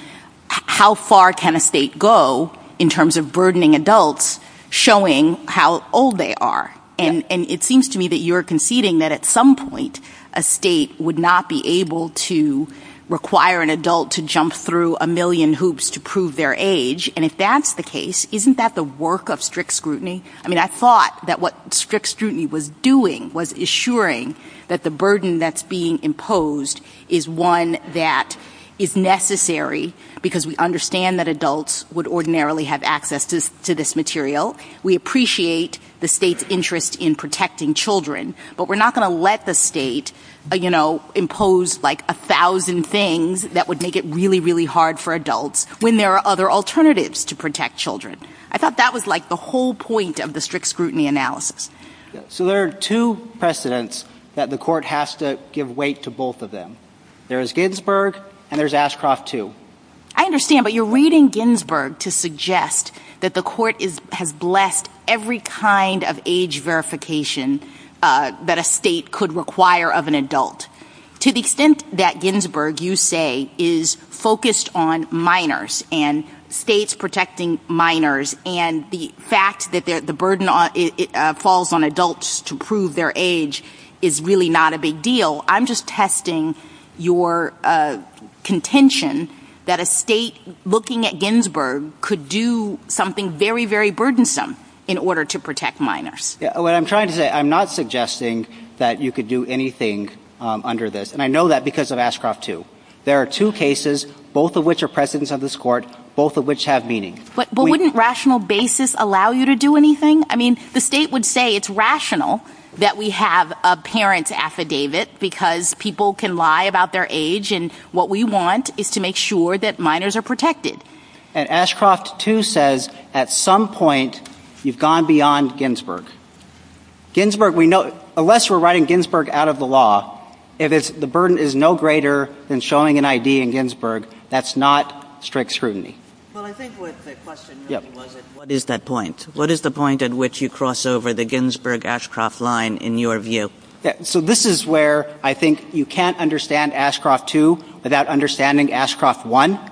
how far can a state go in terms of burdening adults showing how old they are? And it seems to me that you're conceding that at some point a state would not be able to require an adult to jump through a million hoops to prove their age. And if that's the case, isn't that the work of strict scrutiny? I mean, I thought that what strict scrutiny was doing was assuring that the burden that's being imposed is one that is necessary because we understand that adults would ordinarily have access to this material. We appreciate the state's interest in protecting children, but we're not going to let the state, you know, impose like a thousand things that would make it really, really hard for adults when there are other alternatives to protect children. I thought that was like the whole point of the strict scrutiny analysis. So there are two precedents that the court has to give weight to both of them. There's Ginsburg and there's Ashcroft too. I understand, but you're reading Ginsburg to suggest that the court has left every kind of age verification that a state could require of an adult. To the extent that Ginsburg, you say, is focused on minors and states protecting minors and the fact that the burden falls on adults to prove their age is really not a big deal. I'm just testing your contention that a state looking at Ginsburg could do something very, very burdensome in order to protect minors. What I'm trying to say, I'm not suggesting that you could do anything under this. And I know that because of Ashcroft too. There are two cases, both of which are precedents of this court, both of which have meaning. But wouldn't rational basis allow you to do anything? I mean, the state would say it's rational that we have a parent's affidavit because people can lie about their age and what we want is to make sure that minors are protected. And Ashcroft too says at some point you've gone beyond Ginsburg. Unless we're writing Ginsburg out of the law, the burden is no greater than showing an ID in Ginsburg. That's not strict scrutiny. What is that point? What is the point at which you cross over the Ginsburg-Ashcroft line in your view? So this is where I think you can't understand Ashcroft too without understanding Ashcroft I.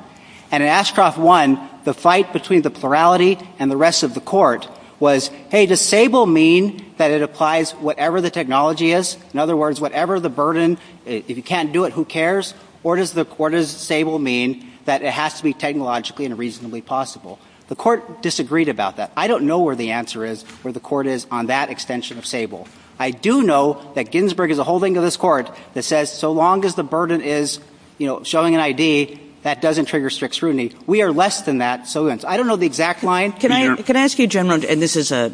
And in Ashcroft I, the fight between the plurality and the rest of the court was, hey, does stable mean that it applies whatever the technology is? In other words, whatever the burden, if you can't do it, who cares? Or does stable mean that it has to be technologically and reasonably possible? The court disagreed about that. I don't know where the answer is, where the court is on that extension of stable. I do know that Ginsburg is a holding of this court that says so long as the burden is showing an ID, that doesn't trigger strict scrutiny. We are less than that. So I don't know the exact line. Can I ask you, General, and this is a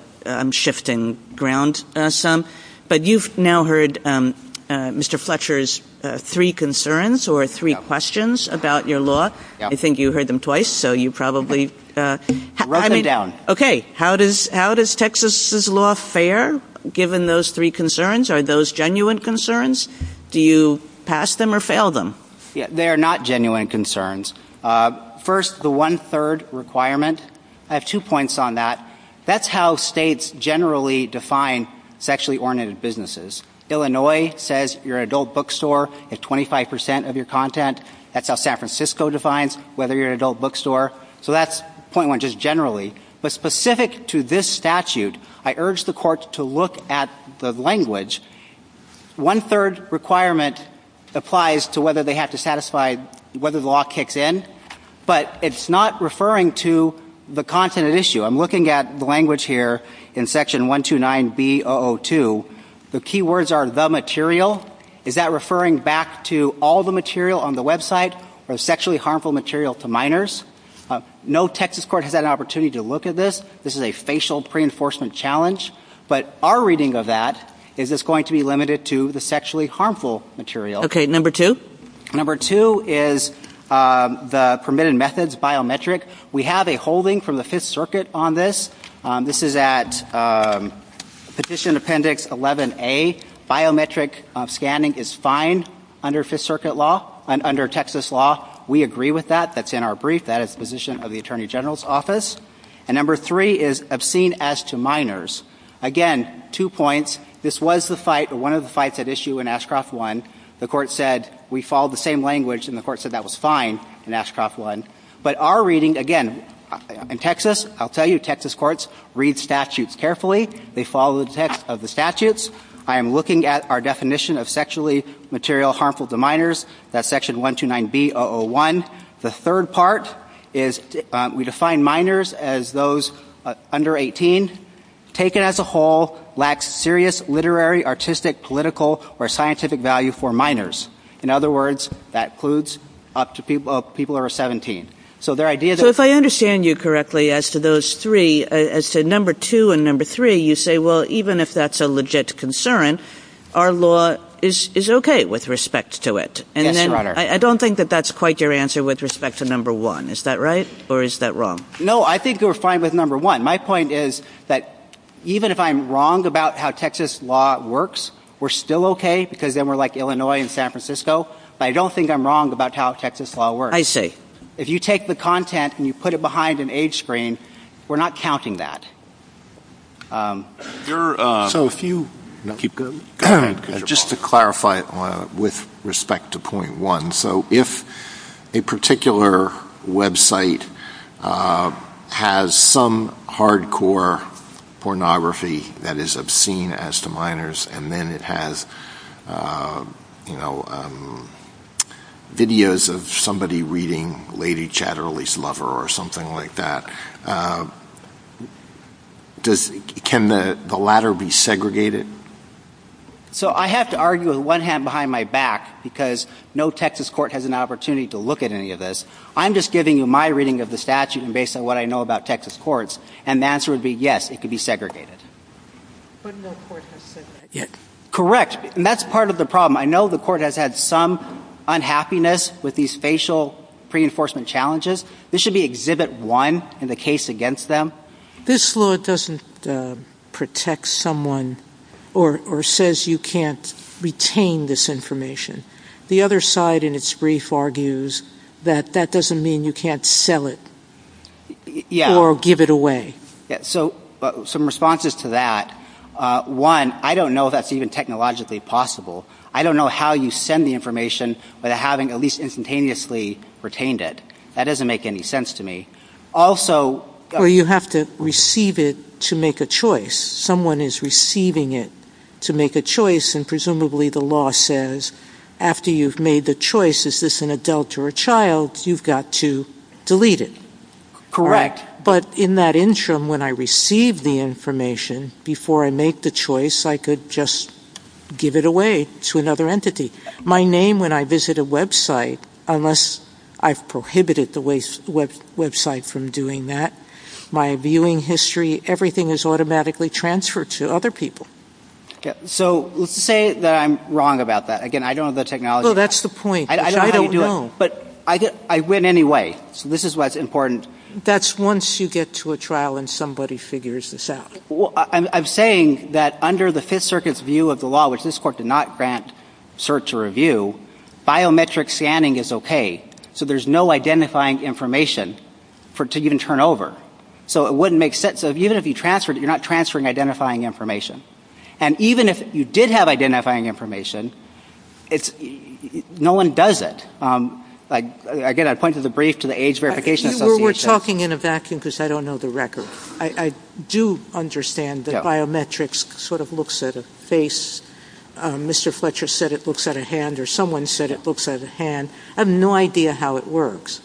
shifting ground some, but you've now heard Mr. Fletcher's three concerns or three questions about your law. I think you heard them twice, so you probably wrote them down. How does Texas's law fare given those three concerns? Are those genuine concerns? Do you pass them or fail them? They are not genuine concerns. First, the one-third requirement. I have two points on that. That's how states generally define sexually-oriented businesses. Illinois says you're an adult bookstore at 25% of your content. That's how San Francisco defines whether you're an adult bookstore. So that's point one, just generally. But specific to this statute, I urge the courts to look at the language. One-third requirement applies to whether they have to satisfy whether the law kicks in. But it's not referring to the content at issue. I'm looking at the language here in section 129B-002. The key words are the material. Is that referring back to all the material on the website or sexually harmful material to minors? No Texas court has had an opportunity to look at this. This is a facial pre-enforcement challenge. But our reading of that is it's going to be limited to the sexually harmful material. Okay, number two? Number two is the permitted methods biometric. We have a holding from the Fifth Circuit on this. This is at Petition Appendix 11A. Biometric scanning is fine under Fifth Circuit law and under Texas law. We agree with that. That's in our brief. That is the position of the Attorney General's office. And number three is obscene as to minors. Again, two points. This was the fight or one of the fights at issue in Ashcroft 1. The court said we followed the same language and the court said that was fine in Ashcroft 1. But our reading, again, in Texas, I'll tell you Texas courts read statutes carefully. They follow the text of the statutes. I am looking at our definition of sexually material harmful to minors. That's section 129B-001. The third part is we define minors as those under 18, taken as a whole, lacks serious literary, artistic, political, or scientific value for minors. In other words, that includes up to people who are 17. So their idea that- So if I understand you correctly as to those three, as to number two and number three, you say, well, even if that's a legit concern, our law is okay with respect to it. Yes, Your Honor. I don't think that that's quite your answer with respect to number one. Is that right or is that wrong? No, I think we're fine with number one. My point is that even if I'm wrong about how Texas law works, we're still okay because then we're like Illinois and San Francisco. But I don't think I'm wrong about how Texas law works. I see. If you take the content and you put it behind an age screen, we're not counting that. So if you- Just to clarify with respect to point one, so if a particular website has some hardcore pornography that is obscene as to minors and then it has videos of somebody reading Lady Chatterley's Lover or something like that, can the latter be segregated? So I have to argue with one hand behind my back because no Texas court has an opportunity to look at any of this. I'm just giving you my reading of the statute and based on what I know about Texas courts. And the answer would be yes, it could be segregated. But no court has said that yet. Correct. And that's part of the problem. I know the court has had some unhappiness with these facial reinforcement challenges. This should be exhibit one in the case against them. This law doesn't protect someone or says you can't retain this information. The other side in its brief argues that that doesn't mean you can't sell it or give it away. Some responses to that. One, I don't know if that's even technologically possible. I don't know how you send the information without having at least instantaneously retained it. That doesn't make any sense to me. Or you have to receive it to make a choice. Someone is receiving it to make a choice and presumably the law says after you've made the choice, is this an adult or a child, you've got to delete it. Correct. But in that interim, when I receive the information, before I make the choice, I could just give it away to another entity. My name, when I visit a website, unless I've prohibited the website from doing that, my viewing history, everything is automatically transferred to other people. So, let's say that I'm wrong about that. Again, I don't know the technology. That's the point. I don't know. But I went anyway. This is why it's important. That's once you get to a trial and somebody figures this out. I'm saying that under the Fifth Circuit's view of the law, which this Court did not grant search or review, biometric scanning is okay. So, there's no identifying information for it to even turn over. So, it wouldn't make sense. Even if you transferred it, you're not transferring identifying information. And even if you did have identifying information, no one does it. Again, I pointed the brief to the Age Verification Association. We're talking in a vacuum because I don't know the record. I do understand that biometrics sort of looks at a face. Mr. Fletcher said it looks at a hand, or someone said it looks at a hand. I have no idea how it works.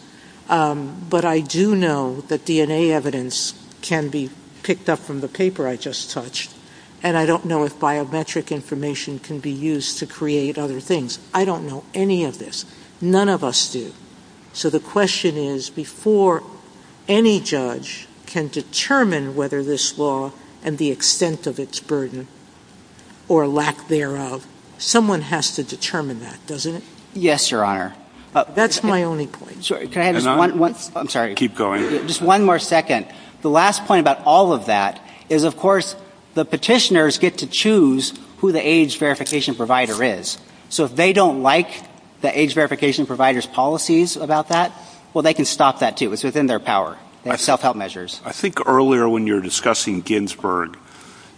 But I do know that DNA evidence can be picked up from the paper I just touched. And I don't know if biometric information can be used to create other things. I don't know any of this. None of us do. So, the question is, before any judge can determine whether this law and the extent of its burden or lack thereof, someone has to determine that, doesn't it? Yes, Your Honor. That's my only point. I'm sorry. Keep going. Just one more second. The last point about all of that is, of course, the petitioners get to choose who the age verification provider is. So, if they don't like the age verification provider's policies about that, well, they can stop that, too. It's within their power. They have self-help measures. I think earlier when you were discussing Ginsburg,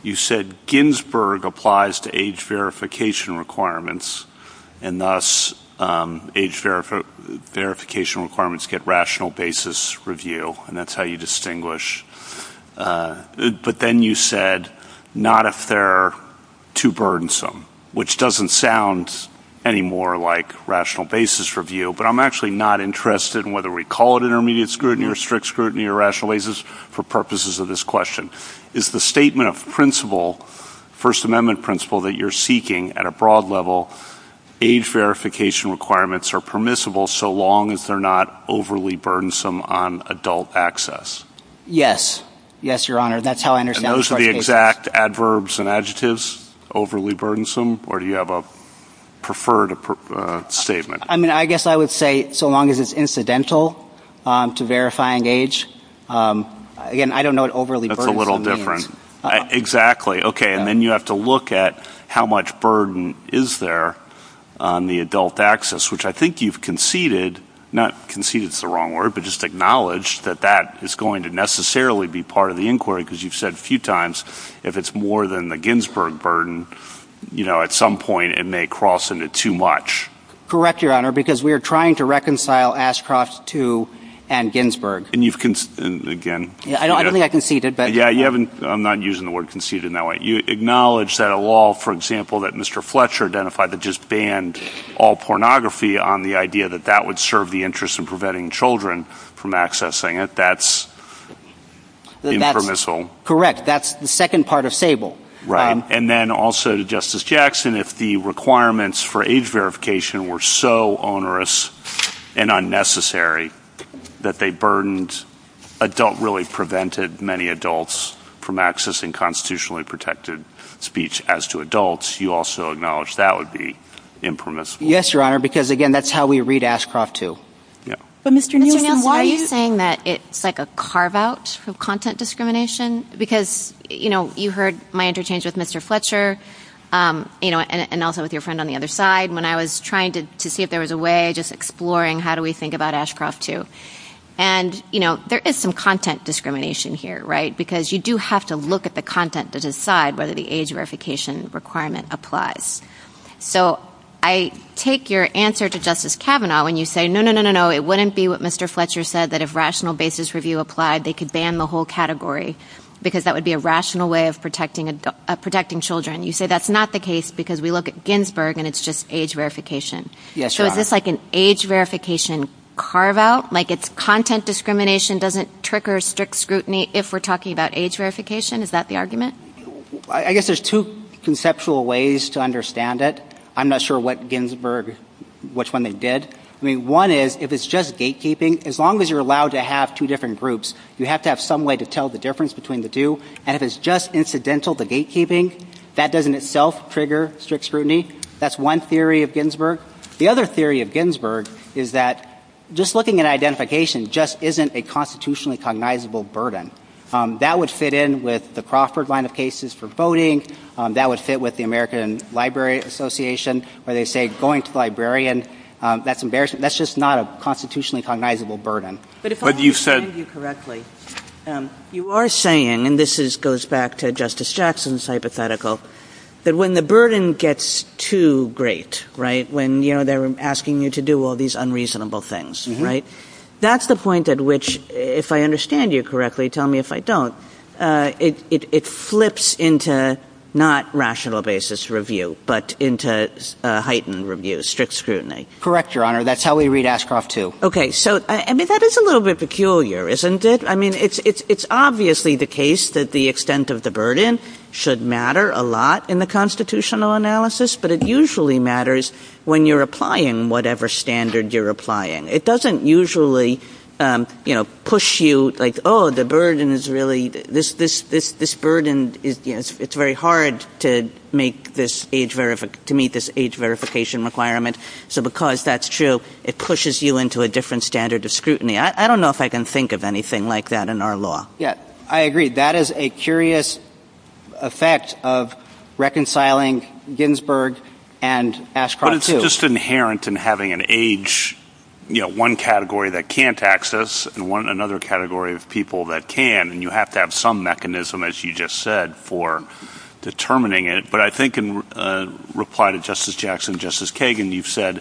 you said, Ginsburg applies to age verification requirements, and thus age verification requirements get rational basis review. And that's how you distinguish. But then you said, not if they're too burdensome, which doesn't sound anymore like rational basis review. But I'm actually not interested in whether we call it intermediate scrutiny or strict scrutiny or rational basis for purposes of this question. Is the statement of principle, First Amendment principle, that you're seeking at a broad level, age verification requirements are permissible so long as they're not overly burdensome on adult access? Yes. Yes, Your Honor. And that's how I understand it. And those are the exact adverbs and adjectives, overly burdensome, or do you have a preferred statement? I mean, I guess I would say so long as it's incidental to verifying age. Again, I don't know what overly burdensome means. That's a little different. Exactly. Okay. And then you have to look at how much burden is there on the adult access, which I think you've conceded, not conceded is the wrong word, but just acknowledge that that is going to necessarily be part of the inquiry, because you've said a few times if it's more than the Ginsburg burden, you know, at some point it may cross into too much. Correct, Your Honor, because we are trying to reconcile Ashcroft's two and Ginsburg. And you've, again. I don't think I conceded, but. Yeah, you haven't, I'm not using the word conceded in that way. You acknowledge that a law, for example, that Mr. Fletcher identified that just banned all pornography on the idea that that would serve the interest in preventing children from accessing it. That's impermissible. That's the second part of Sable. Right. And then also to Justice Jackson, if the requirements for age verification were so onerous and unnecessary that they burdened adult really prevented many adults from accessing constitutionally protected speech as to adults, you also acknowledge that would be impermissible. Yes, Your Honor, because, again, that's how we read Ashcroft too. Yeah. Because, you know, you heard my interchange with Mr. Fletcher, you know, and also with your friend on the other side when I was trying to see if there was a way just exploring how do we think about Ashcroft too. And, you know, there is some content discrimination here, right, because you do have to look at the content to decide whether the age verification requirement applies. So I take your answer to Justice Kavanaugh when you say, no, no, no, no, no, it wouldn't be what Mr. Fletcher said that if rational basis review applied they could ban the whole category because that would be a rational way of protecting children. You say that's not the case because we look at Ginsburg and it's just age verification. Yes, Your Honor. So is this like an age verification carve out, like it's content discrimination doesn't trigger strict scrutiny if we're talking about age verification? Is that the argument? I guess there's two conceptual ways to understand it. I'm not sure what Ginsburg, which one they did. I mean, one is if it's just gatekeeping, as long as you're allowed to have two different groups, you have to have some way to tell the difference between the two. And if it's just incidental to gatekeeping, that doesn't itself trigger strict scrutiny. That's one theory of Ginsburg. The other theory of Ginsburg is that just looking at identification just isn't a constitutionally cognizable burden. That would fit in with the Crawford line of cases for voting. That would fit with the American Library Association where they say going to the librarian, that's embarrassing. That's just not a constitutionally cognizable burden. But if I understand you correctly, you are saying, and this goes back to Justice Jackson's hypothetical, that when the burden gets too great, right, when, you know, they're asking you to do all these unreasonable things, right, that's the point at which, if I understand you correctly, tell me if I don't, it flips into not rational basis review, but into heightened review, strict scrutiny. Correct, Your Honor, that's how we read Ascoff too. Okay, so, I mean, that is a little bit peculiar, isn't it? I mean, it's obviously the case that the extent of the burden should matter a lot in the constitutional analysis, but it usually matters when you're applying whatever standard you're applying. It doesn't usually, you know, push you like, oh, the burden is really, this burden, it's very hard to meet this age verification requirement. So because that's true, it pushes you into a different standard of scrutiny. I don't know if I can think of anything like that in our law. Yeah, I agree. That is a curious effect of reconciling Ginsburg and Ascoff too. It's just inherent in having an age, you know, one category that can't access and another category of people that can, and you have to have some mechanism, as you just said, for determining it. But I think in reply to Justice Jackson and Justice Kagan, you've said,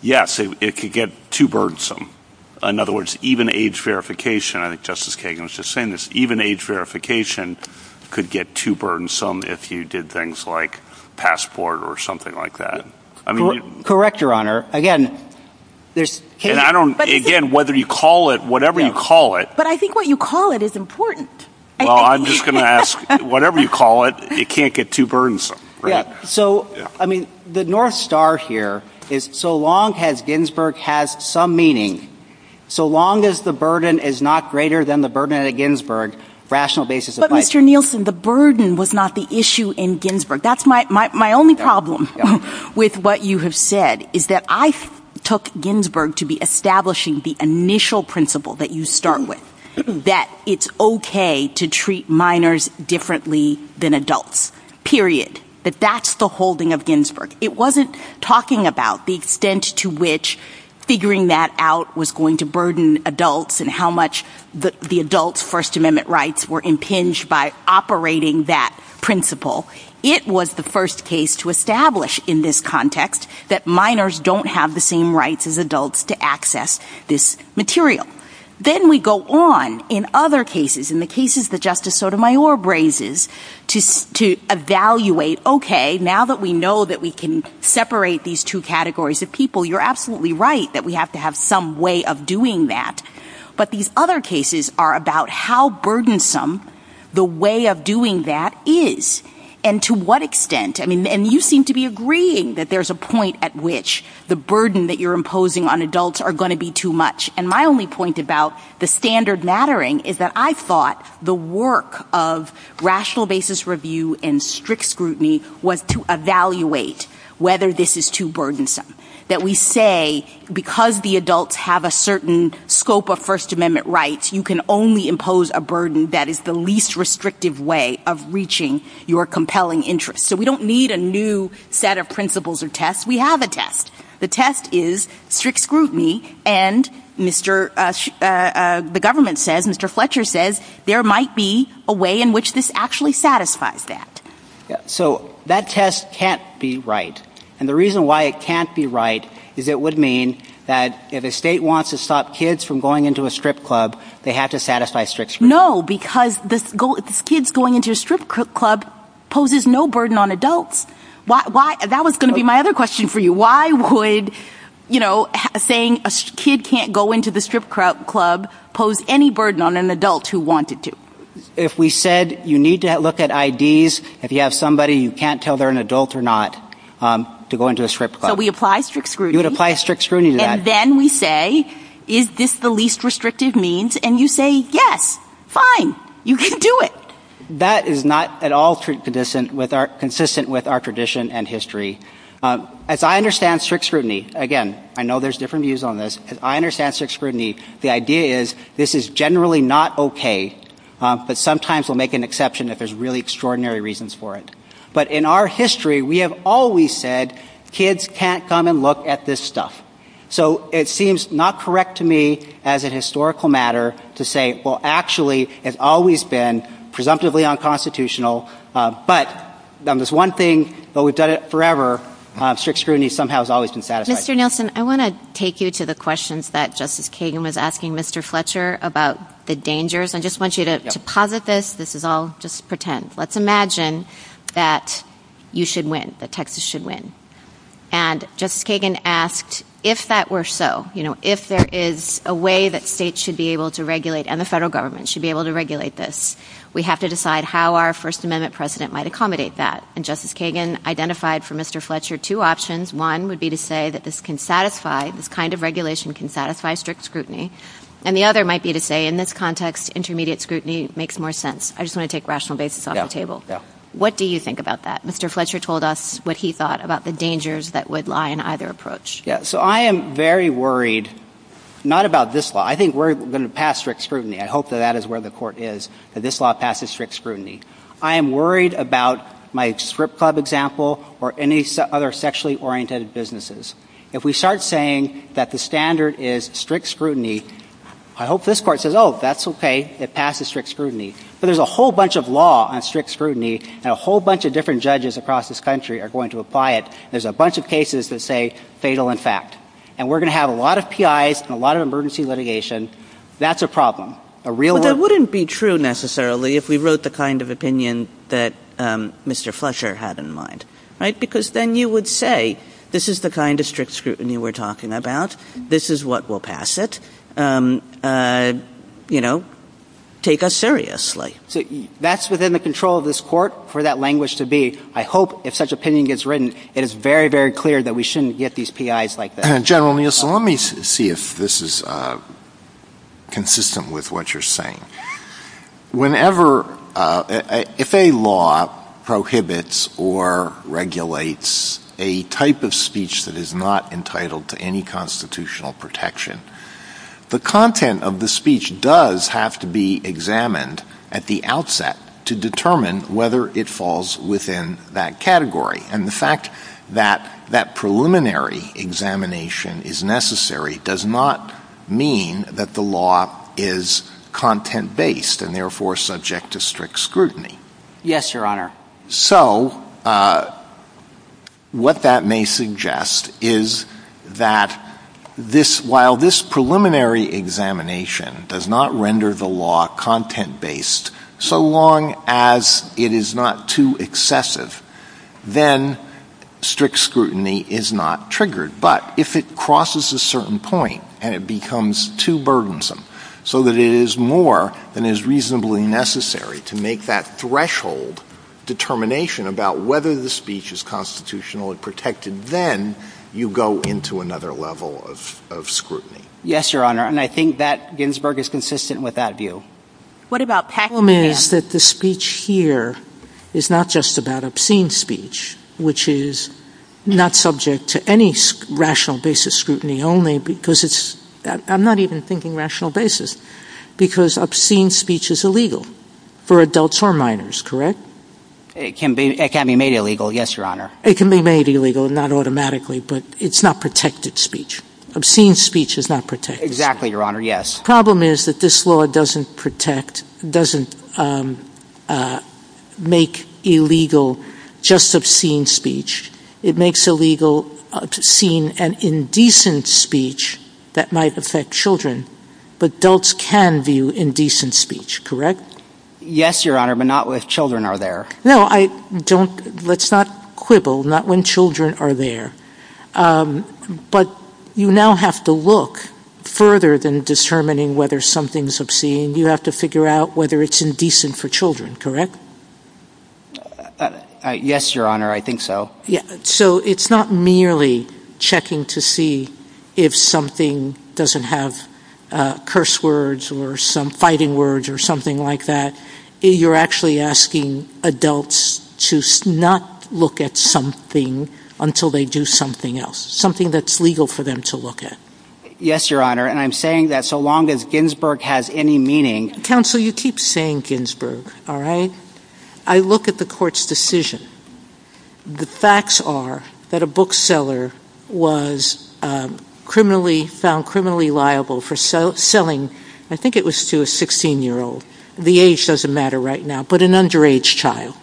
yes, it could get too burdensome. In other words, even age verification, I think Justice Kagan was just saying this, even age verification could get too burdensome if you did things like passport or something like that. Correct, Your Honor. Again, whether you call it, whatever you call it. But I think what you call it is important. Well, I'm just going to ask, whatever you call it, it can't get too burdensome. So, I mean, the North Star here is so long as Ginsburg has some meaning, so long as the burden is not greater than the burden at Ginsburg, rational basis of life. But Mr. Nielsen, the burden was not the issue in Ginsburg. That's my only problem with what you have said, is that I took Ginsburg to be establishing the initial principle that you start with, that it's okay to treat minors differently than adults, period. That that's the holding of Ginsburg. It wasn't talking about the extent to which figuring that out was going to burden adults and how much the adults' First Amendment rights were impinged by operating that principle. It was the first case to establish in this context that minors don't have the same rights as adults to access this material. Then we go on in other cases, in the cases that Justice Sotomayor brazes, to evaluate, okay, now that we know that we can separate these two categories of people, you're absolutely right that we have to have some way of doing that. But these other cases are about how burdensome the way of doing that is and to what extent. I mean, and you seem to be agreeing that there's a point at which the burden that you're imposing on adults are going to be too much. And my only point about the standard mattering is that I thought the work of rational basis review and strict scrutiny was to evaluate whether this is too burdensome. That we say because the adults have a certain scope of First Amendment rights, you can only impose a burden that is the least restrictive way of reaching your compelling interest. So we don't need a new set of principles or tests. We have a test. The test is strict scrutiny, and the government says, Mr. Fletcher says, there might be a way in which this actually satisfies that. So that test can't be right. And the reason why it can't be right is it would mean that if a state wants to stop kids from going into a strip club, they have to satisfy strict scrutiny. No, because kids going into a strip club poses no burden on adults. That was going to be my other question for you. Why would saying a kid can't go into the strip club pose any burden on an adult who wanted to? If we said you need to look at IDs, if you have somebody you can't tell they're an adult or not to go into a strip club. So we apply strict scrutiny. You would apply strict scrutiny to that. And then we say, is this the least restrictive means? And you say, yes, fine, you can do it. That is not at all consistent with our tradition and history. As I understand strict scrutiny, again, I know there's different views on this. As I understand strict scrutiny, the idea is this is generally not okay, but sometimes we'll make an exception if there's really extraordinary reasons for it. But in our history, we have always said kids can't come and look at this stuff. So it seems not correct to me as a historical matter to say, well, actually, it's always been presumptively unconstitutional. But there's one thing, but we've done it forever. Strict scrutiny somehow has always been satisfied. Mr. Nelson, I want to take you to the questions that Justice Kagan was asking Mr. Fletcher about the dangers. I just want you to posit this. This is all just pretend. Let's imagine that you should win, that Texas should win. And Justice Kagan asked, if that were so, if there is a way that states should be able to regulate and the federal government should be able to regulate this, we have to decide how our First Amendment precedent might accommodate that. And Justice Kagan identified for Mr. Fletcher two options. One would be to say that this can satisfy, this kind of regulation can satisfy strict scrutiny. And the other might be to say, in this context, intermediate scrutiny makes more sense. I just want to take rational basis off the table. What do you think about that? Mr. Fletcher told us what he thought about the dangers that would lie in either approach. So I am very worried, not about this law. I think we're going to pass strict scrutiny. I hope that that is where the court is. But this law passes strict scrutiny. I am worried about my strip club example or any other sexually oriented businesses. If we start saying that the standard is strict scrutiny, I hope this court says, oh, that's okay. It passes strict scrutiny. But there's a whole bunch of law on strict scrutiny and a whole bunch of different judges across this country are going to apply it. There's a bunch of cases that say fatal in fact. And we're going to have a lot of PIs and a lot of emergency litigation. That's a problem. A real one. But that wouldn't be true necessarily if we wrote the kind of opinion that Mr. Fletcher had in mind, right? Because then you would say, this is the kind of strict scrutiny we're talking about. This is what will pass it. You know, take us seriously. That's within the control of this court for that language to be. I hope if such opinion gets written, it is very, very clear that we shouldn't get these PIs like that. General Neal, so let me see if this is consistent with what you're saying. Whenever, if a law prohibits or regulates a type of speech that is not entitled to any constitutional protection, the content of the speech does have to be examined at the outset to determine whether it falls within that category. And the fact that that preliminary examination is necessary does not mean that the law is content-based and therefore subject to strict scrutiny. Yes, Your Honor. So what that may suggest is that while this preliminary examination does not render the law content-based, so long as it is not too excessive, then strict scrutiny is not triggered. But if it crosses a certain point and it becomes too burdensome so that it is more than is reasonably necessary to make that threshold determination about whether the speech is constitutional and protected, then you go into another level of scrutiny. Yes, Your Honor. And I think that Ginsburg is consistent with that view. What about Paxman? The problem is that the speech here is not just about obscene speech, which is not subject to any rational basis scrutiny only because it's, I'm not even thinking rational basis, because obscene speech is illegal for adults or minors, correct? It can be made illegal, yes, Your Honor. It can be made illegal, not automatically, but it's not protected speech. Obscene speech is not protected. Exactly, Your Honor, yes. The problem is that this law doesn't protect, doesn't make illegal just obscene speech. It makes illegal obscene and indecent speech that might affect children, but adults can view indecent speech, correct? Yes, Your Honor, but not when children are there. No, I don't, let's not quibble, not when children are there. But you now have to look further than determining whether something is obscene. You have to figure out whether it's indecent for children, correct? Yes, Your Honor, I think so. So it's not merely checking to see if something doesn't have curse words or some fighting words or something like that. You're actually asking adults to not look at something until they do something else, something that's legal for them to look at. Yes, Your Honor, and I'm saying that so long as Ginsburg has any meaning... Counsel, you keep saying Ginsburg, all right? I look at the court's decision. The facts are that a bookseller was found criminally liable for selling, I think it was to a 16-year-old. The age doesn't matter right now, but an underage child.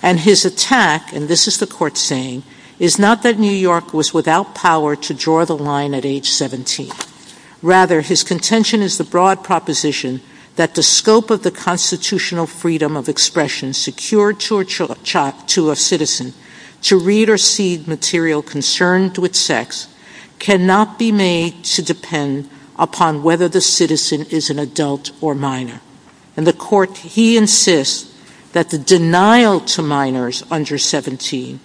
And his attack, and this is the court saying, is not that New York was without power to draw the line at age 17. Rather, his contention is the broad proposition that the scope of the constitutional freedom of expression secured to a citizen to read or see material concerned with sex cannot be made to depend upon whether the citizen is an adult or minor. And the court, he insists that the denial to minors under 17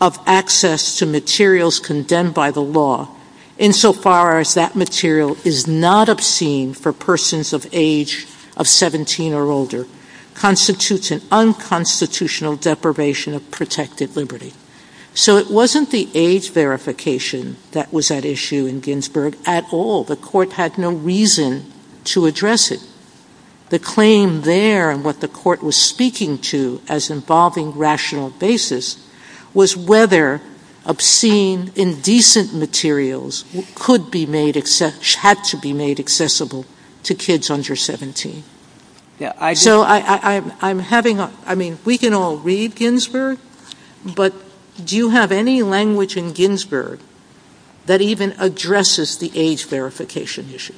of access to materials condemned by the law, insofar as that material is not obscene for persons of age of 17 or older, constitutes an unconstitutional deprivation of protected liberty. So it wasn't the age verification that was at issue in Ginsburg at all. The court had no reason to address it. The claim there, and what the court was speaking to as involving rational basis, was whether obscene, indecent materials had to be made accessible to kids under 17. So I'm having a, I mean, we can all read Ginsburg, but do you have any language in Ginsburg that even addresses the age verification issue?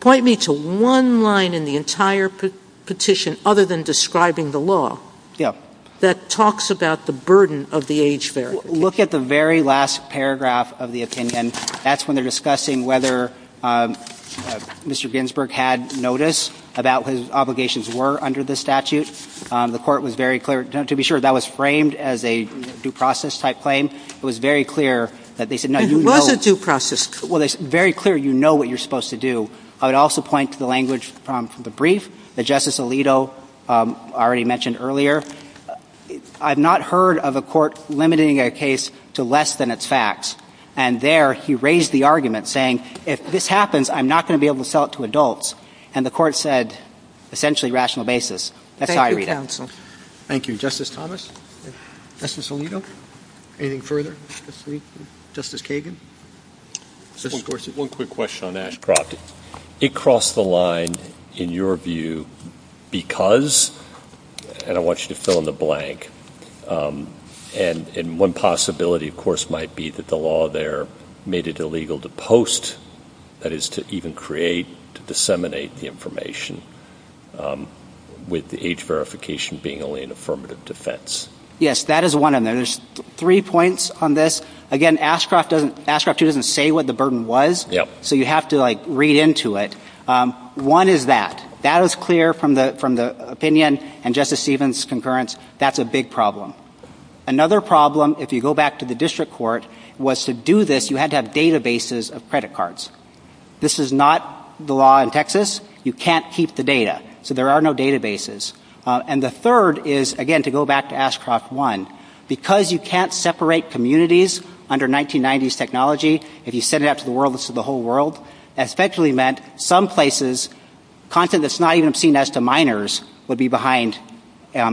Point me to one line in the entire petition, other than describing the law, that talks about the burden of the age verification. Look at the very last paragraph of the opinion. And that's when they're discussing whether Mr. Ginsburg had notice about what his obligations were under the statute. The court was very clear. To be sure, that was framed as a due process type claim. It was very clear that they said no, you know. It was a due process. Well, it's very clear you know what you're supposed to do. I would also point to the language from the brief that Justice Alito already mentioned earlier. I've not heard of a court limiting a case to less than its facts. And there, he raised the argument saying, if this happens, I'm not going to be able to sell it to adults. And the court said, essentially, rational basis. That's how I read it. Thank you, Justice Thomas. Justice Alito. Anything further? Justice Kagan. One quick question on that. It crossed the line, in your view, because, and I want you to fill in the blank, and one possibility, of course, might be that the law there made it illegal to post, that is, to even create, to disseminate the information, with the age verification being only an affirmative defense. Yes, that is one. And there's three points on this. Again, Ashcroft doesn't say what the burden was. Yeah. So you have to, like, read into it. One is that. That is clear from the opinion and Justice Stevens' concurrence. That's a big problem. Another problem, if you go back to the district court, was to do this, you had to have databases of credit cards. This is not the law in Texas. You can't keep the data. So there are no databases. And the third is, again, to go back to Ashcroft 1, because you can't separate communities under 1990s technology, if you send it out to the world, it's to the whole world, that effectively meant some places, content that's not even seen as to minors, would be behind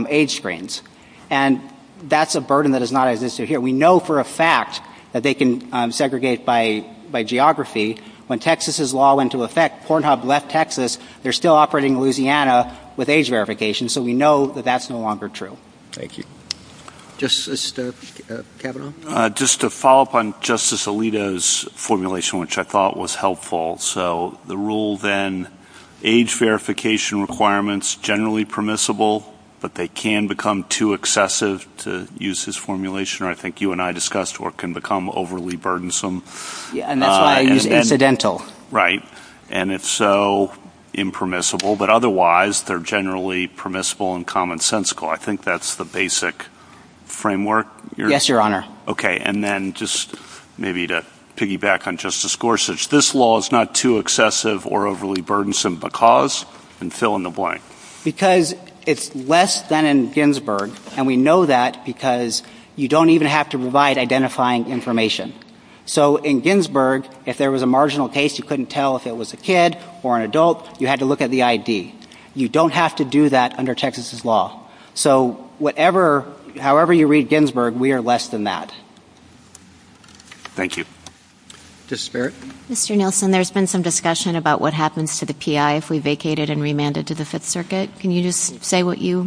age screens. And that's a burden that does not exist here. We know for a fact that they can segregate by geography. When Texas's law went into effect, Pornhub left Texas, they're still operating in Louisiana with age verification, so we know that that's no longer true. Thank you. Justice Cavanaugh. Just to follow up on Justice Alito's formulation, which I thought was helpful, so the rule then, age verification requirements, generally permissible, but they can become too excessive to use this formulation, or I think you and I discussed, or it can become overly burdensome. And that's why I use incidental. Right. And it's so impermissible. But otherwise, they're generally permissible and commonsensical. I think that's the basic framework. Yes, Your Honor. Okay, and then just maybe to piggyback on Justice Gorsuch, this law is not too excessive or overly burdensome because, and fill in the blank. Because it's less than in Ginsburg, and we know that because you don't even have to provide identifying information. So in Ginsburg, if there was a marginal case, you couldn't tell if it was a kid or an adult, you had to look at the ID. You don't have to do that under Texas's law. So however you read Ginsburg, we are less than that. Thank you. Justice Barrett. Mr. Nielsen, there's been some discussion about what happens to the PI if we vacate it and remand it to the Fifth Circuit. Can you just say what your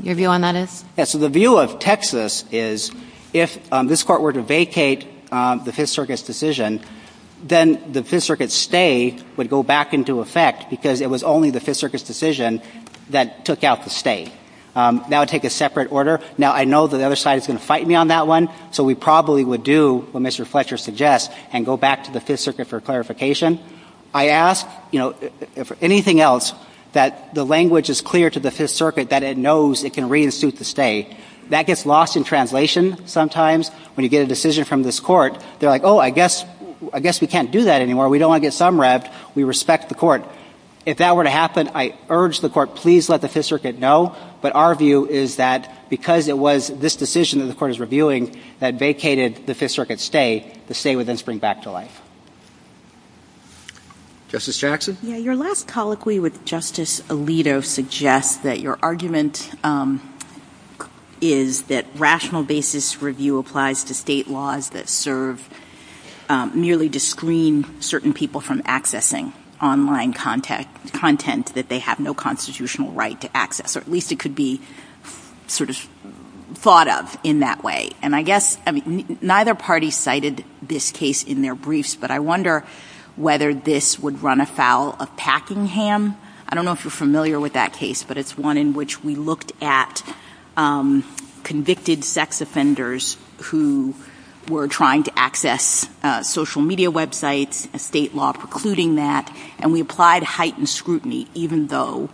view on that is? Yes, so the view of Texas is if this Court were to vacate the Fifth Circuit's decision, then the Fifth Circuit's stay would go back into effect because it was only the Fifth Circuit's decision that took out the stay. That would take a separate order. Now, I know that the other side is going to fight me on that one, so we probably would do what Mr. Fletcher suggests and go back to the Fifth Circuit for clarification. I ask, you know, if anything else, that the language is clear to the Fifth Circuit that it knows it can read and suit the stay. That gets lost in translation sometimes when you get a decision from this Court. They're like, oh, I guess we can't do that anymore. We don't want to get summed wrapped. We respect the Court. If that were to happen, I urge the Court, please let the Fifth Circuit know. But our view is that because it was this decision that the Court is reviewing that vacated the Fifth Circuit's stay, the stay would then spring back to life. Justice Jackson? Your last colloquy with Justice Alito suggests that your argument is that rational basis review applies to state laws that serve merely to screen certain people from accessing online content that they have no constitutional right to access, or at least it could be sort of thought of in that way. And I guess neither party cited this case in their briefs, but I wonder whether this would run afoul of Packingham. I don't know if you're familiar with that case, but it's one in which we looked at convicted sex offenders who were trying to access social media websites, a state law precluding that, and we applied heightened scrutiny even though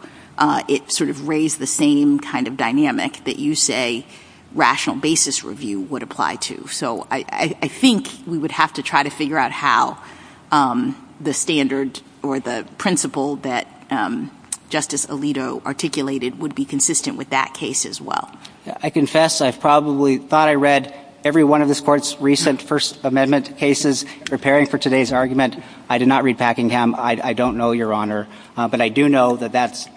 it sort of raised the same kind of dynamic that you say rational basis review would apply to. So I think we would have to try to figure out how the standard or the principle that Justice Alito articulated would be consistent with that case as well. I confess I probably thought I read every one of this Court's recent First Amendment cases preparing for today's argument. I did not read Packingham. I don't know, Your Honor. But I do know that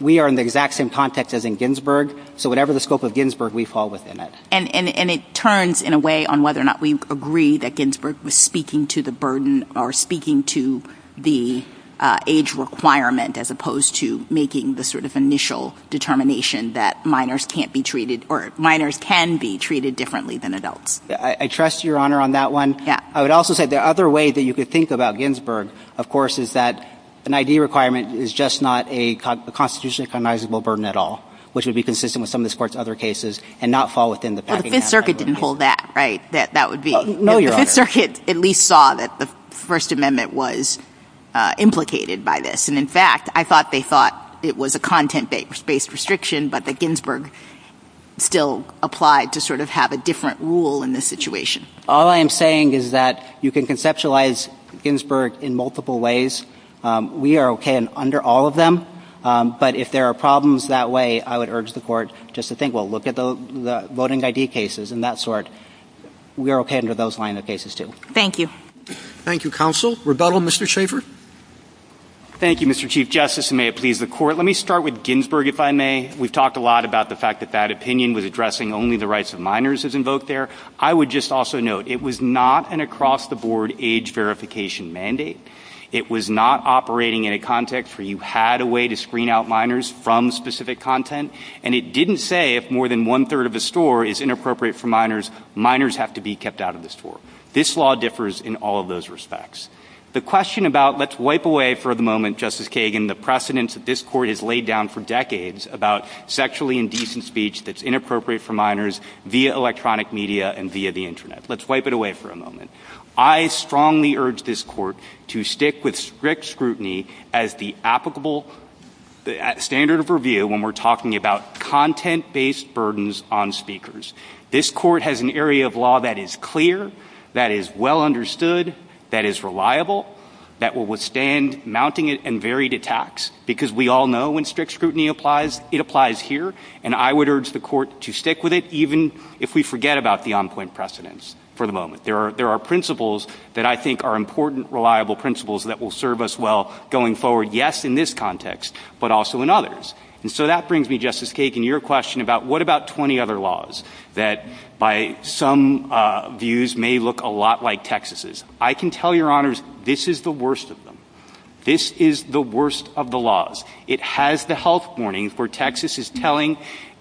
we are in the exact same context as in Ginsburg, so whatever the scope of Ginsburg, we fall within it. And it turns in a way on whether or not we agree that Ginsburg was speaking to the burden or speaking to the age requirement as opposed to making the sort of initial determination that minors can't be treated or minors can be treated differently than adults. I trust Your Honor on that one. I would also say the other way that you could think about Ginsburg, of course, is that an ID requirement is just not a constitutionally recognizable burden at all, which would be consistent with some of this Court's other cases and not fall within the Packingham case. But the Fifth Circuit didn't hold that, right, that that would be. No, Your Honor. The Fifth Circuit at least saw that the First Amendment was implicated by this. And, in fact, I thought they thought it was a content-based restriction, but that Ginsburg still applied to sort of have a different rule in this situation. All I am saying is that you can conceptualize Ginsburg in multiple ways. We are okay under all of them. But if there are problems that way, I would urge the Court just to think, well, look at the voting ID cases and that sort. We are okay under those line of cases, too. Thank you. Thank you, Counsel. Rebuttal, Mr. Schaffer? Thank you, Mr. Chief Justice, and may it please the Court. Let me start with Ginsburg, if I may. We've talked a lot about the fact that that opinion was addressing only the rights of minors as invoked there. I would just also note, it was not an across-the-board age verification mandate. It was not operating in a context where you had a way to screen out minors from specific content. And it didn't say if more than one-third of the store is inappropriate for minors, minors have to be kept out of the store. This law differs in all of those respects. The question about, let's wipe away for the moment, Justice Kagan, the precedence that this Court has laid down for decades about sexually indecent speech that's inappropriate for minors via electronic media and via the Internet. Let's wipe it away for a moment. I strongly urge this Court to stick with strict scrutiny as the applicable standard of review when we're talking about content-based burdens on speakers. This Court has an area of law that is clear, that is well understood, that is reliable, that will withstand mounting and varied attacks, because we all know when strict scrutiny applies, it applies here. And I would urge the Court to stick with it, even if we forget about the on-point precedence for the moment. There are principles that I think are important, reliable principles that will serve us well going forward, yes, in this context, but also in others. And so that brings me, Justice Kagan, to your question about what about 20 other laws that by some views may look a lot like Texas's. I can tell your Honors, this is the worst of them. This is the worst of the laws. It has the health warning for Texas's telling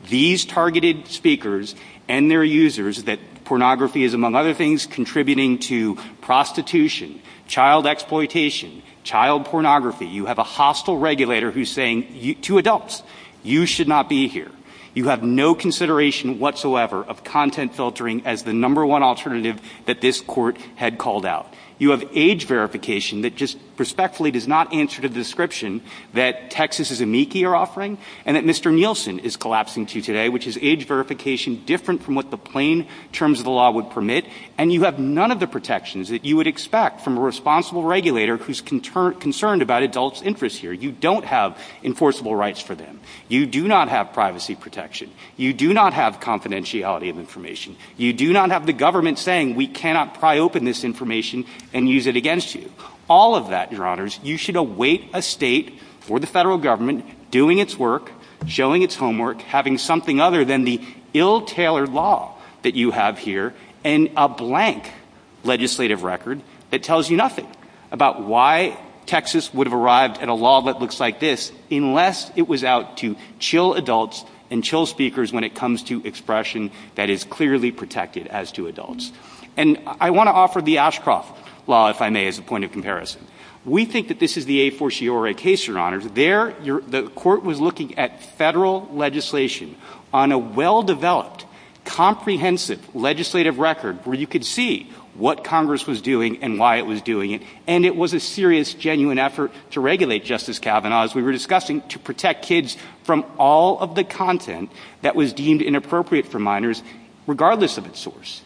these targeted speakers and their users that pornography is, among other things, contributing to prostitution, child exploitation, child pornography. You have a hostile regulator who's saying to adults, you should not be here. You have no consideration whatsoever of content filtering as the number one alternative that this Court had called out. You have age verification that just respectfully does not answer to the description that Texas's amici are offering, and that Mr. Nielsen is collapsing to today, which is age verification different from what the plain terms of the law would permit. And you have none of the protections that you would expect from a responsible regulator who's concerned about adults' interests here. You don't have enforceable rights for them. You do not have privacy protection. You do not have confidentiality of information. You do not have the government saying we cannot pry open this information and use it against you. All of that, your Honors, you should await a state or the federal government doing its work, showing its homework, having something other than the ill-tailored law that you have here and a blank legislative record that tells you nothing about why Texas would have arrived at a law that looks like this unless it was out to chill adults and chill speakers when it comes to expression that is clearly protected as to adults. And I want to offer the Ashcroft Law, if I may, as a point of comparison. We think that this is the a fortiori case, your Honors. The court was looking at federal legislation on a well-developed, comprehensive legislative record where you could see what Congress was doing and why it was doing it. And it was a serious, genuine effort to regulate Justice Kavanaugh, as we were discussing, to protect kids from all of the content that was deemed inappropriate for minors, regardless of its source.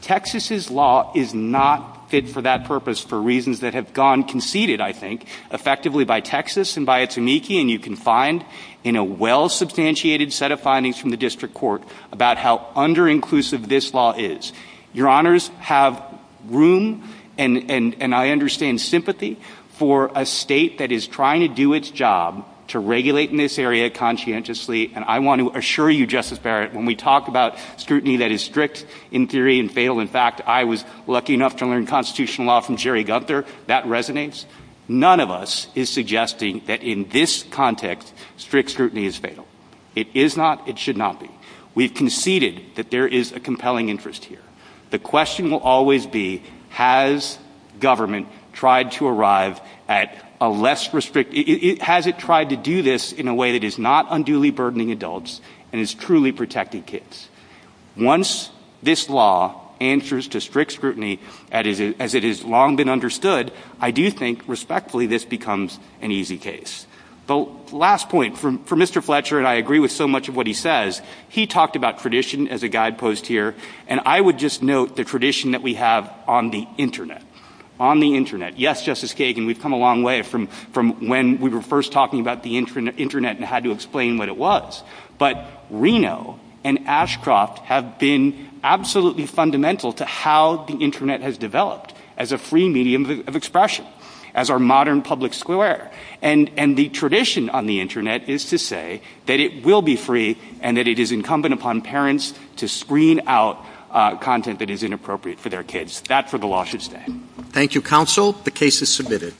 Texas's law is not fit for that purpose for reasons that have gone conceited, I think, effectively by Texas and by its amici. And you can find in a well-substantiated set of findings from the district court about how under-inclusive this law is. Your Honors have room, and I understand sympathy, for a state that is trying to do its job to regulate in this area conscientiously. And I want to assure you, Justice Barrett, when we talk about scrutiny that is strict in theory and fatal in fact, I was lucky enough to learn constitutional law from Jerry Gunther, that resonates. None of us is suggesting that in this context, strict scrutiny is fatal. It is not, it should not be. We conceded that there is a compelling interest here. The question will always be, has government tried to arrive at a less restrictive, has it tried to do this in a way that is not unduly burdening adults and is truly protecting kids? Once this law answers to strict scrutiny as it has long been understood, I do think, respectfully, this becomes an easy case. The last point, for Mr. Fletcher, and I agree with so much of what he says, he talked about tradition as a guidepost here, and I would just note the tradition that we have on the Internet. Yes, Justice Kagan, we have come a long way from when we were first talking about the Internet and how to explain what it was. But Reno and Ashcroft have been absolutely fundamental to how the Internet has developed as a free medium of expression, as our modern public square. And the tradition on the Internet is to say that it will be free and that it is incumbent upon parents to screen out content that is inappropriate for their kids. That, for the law, should stay. Thank you, counsel. The case is submitted.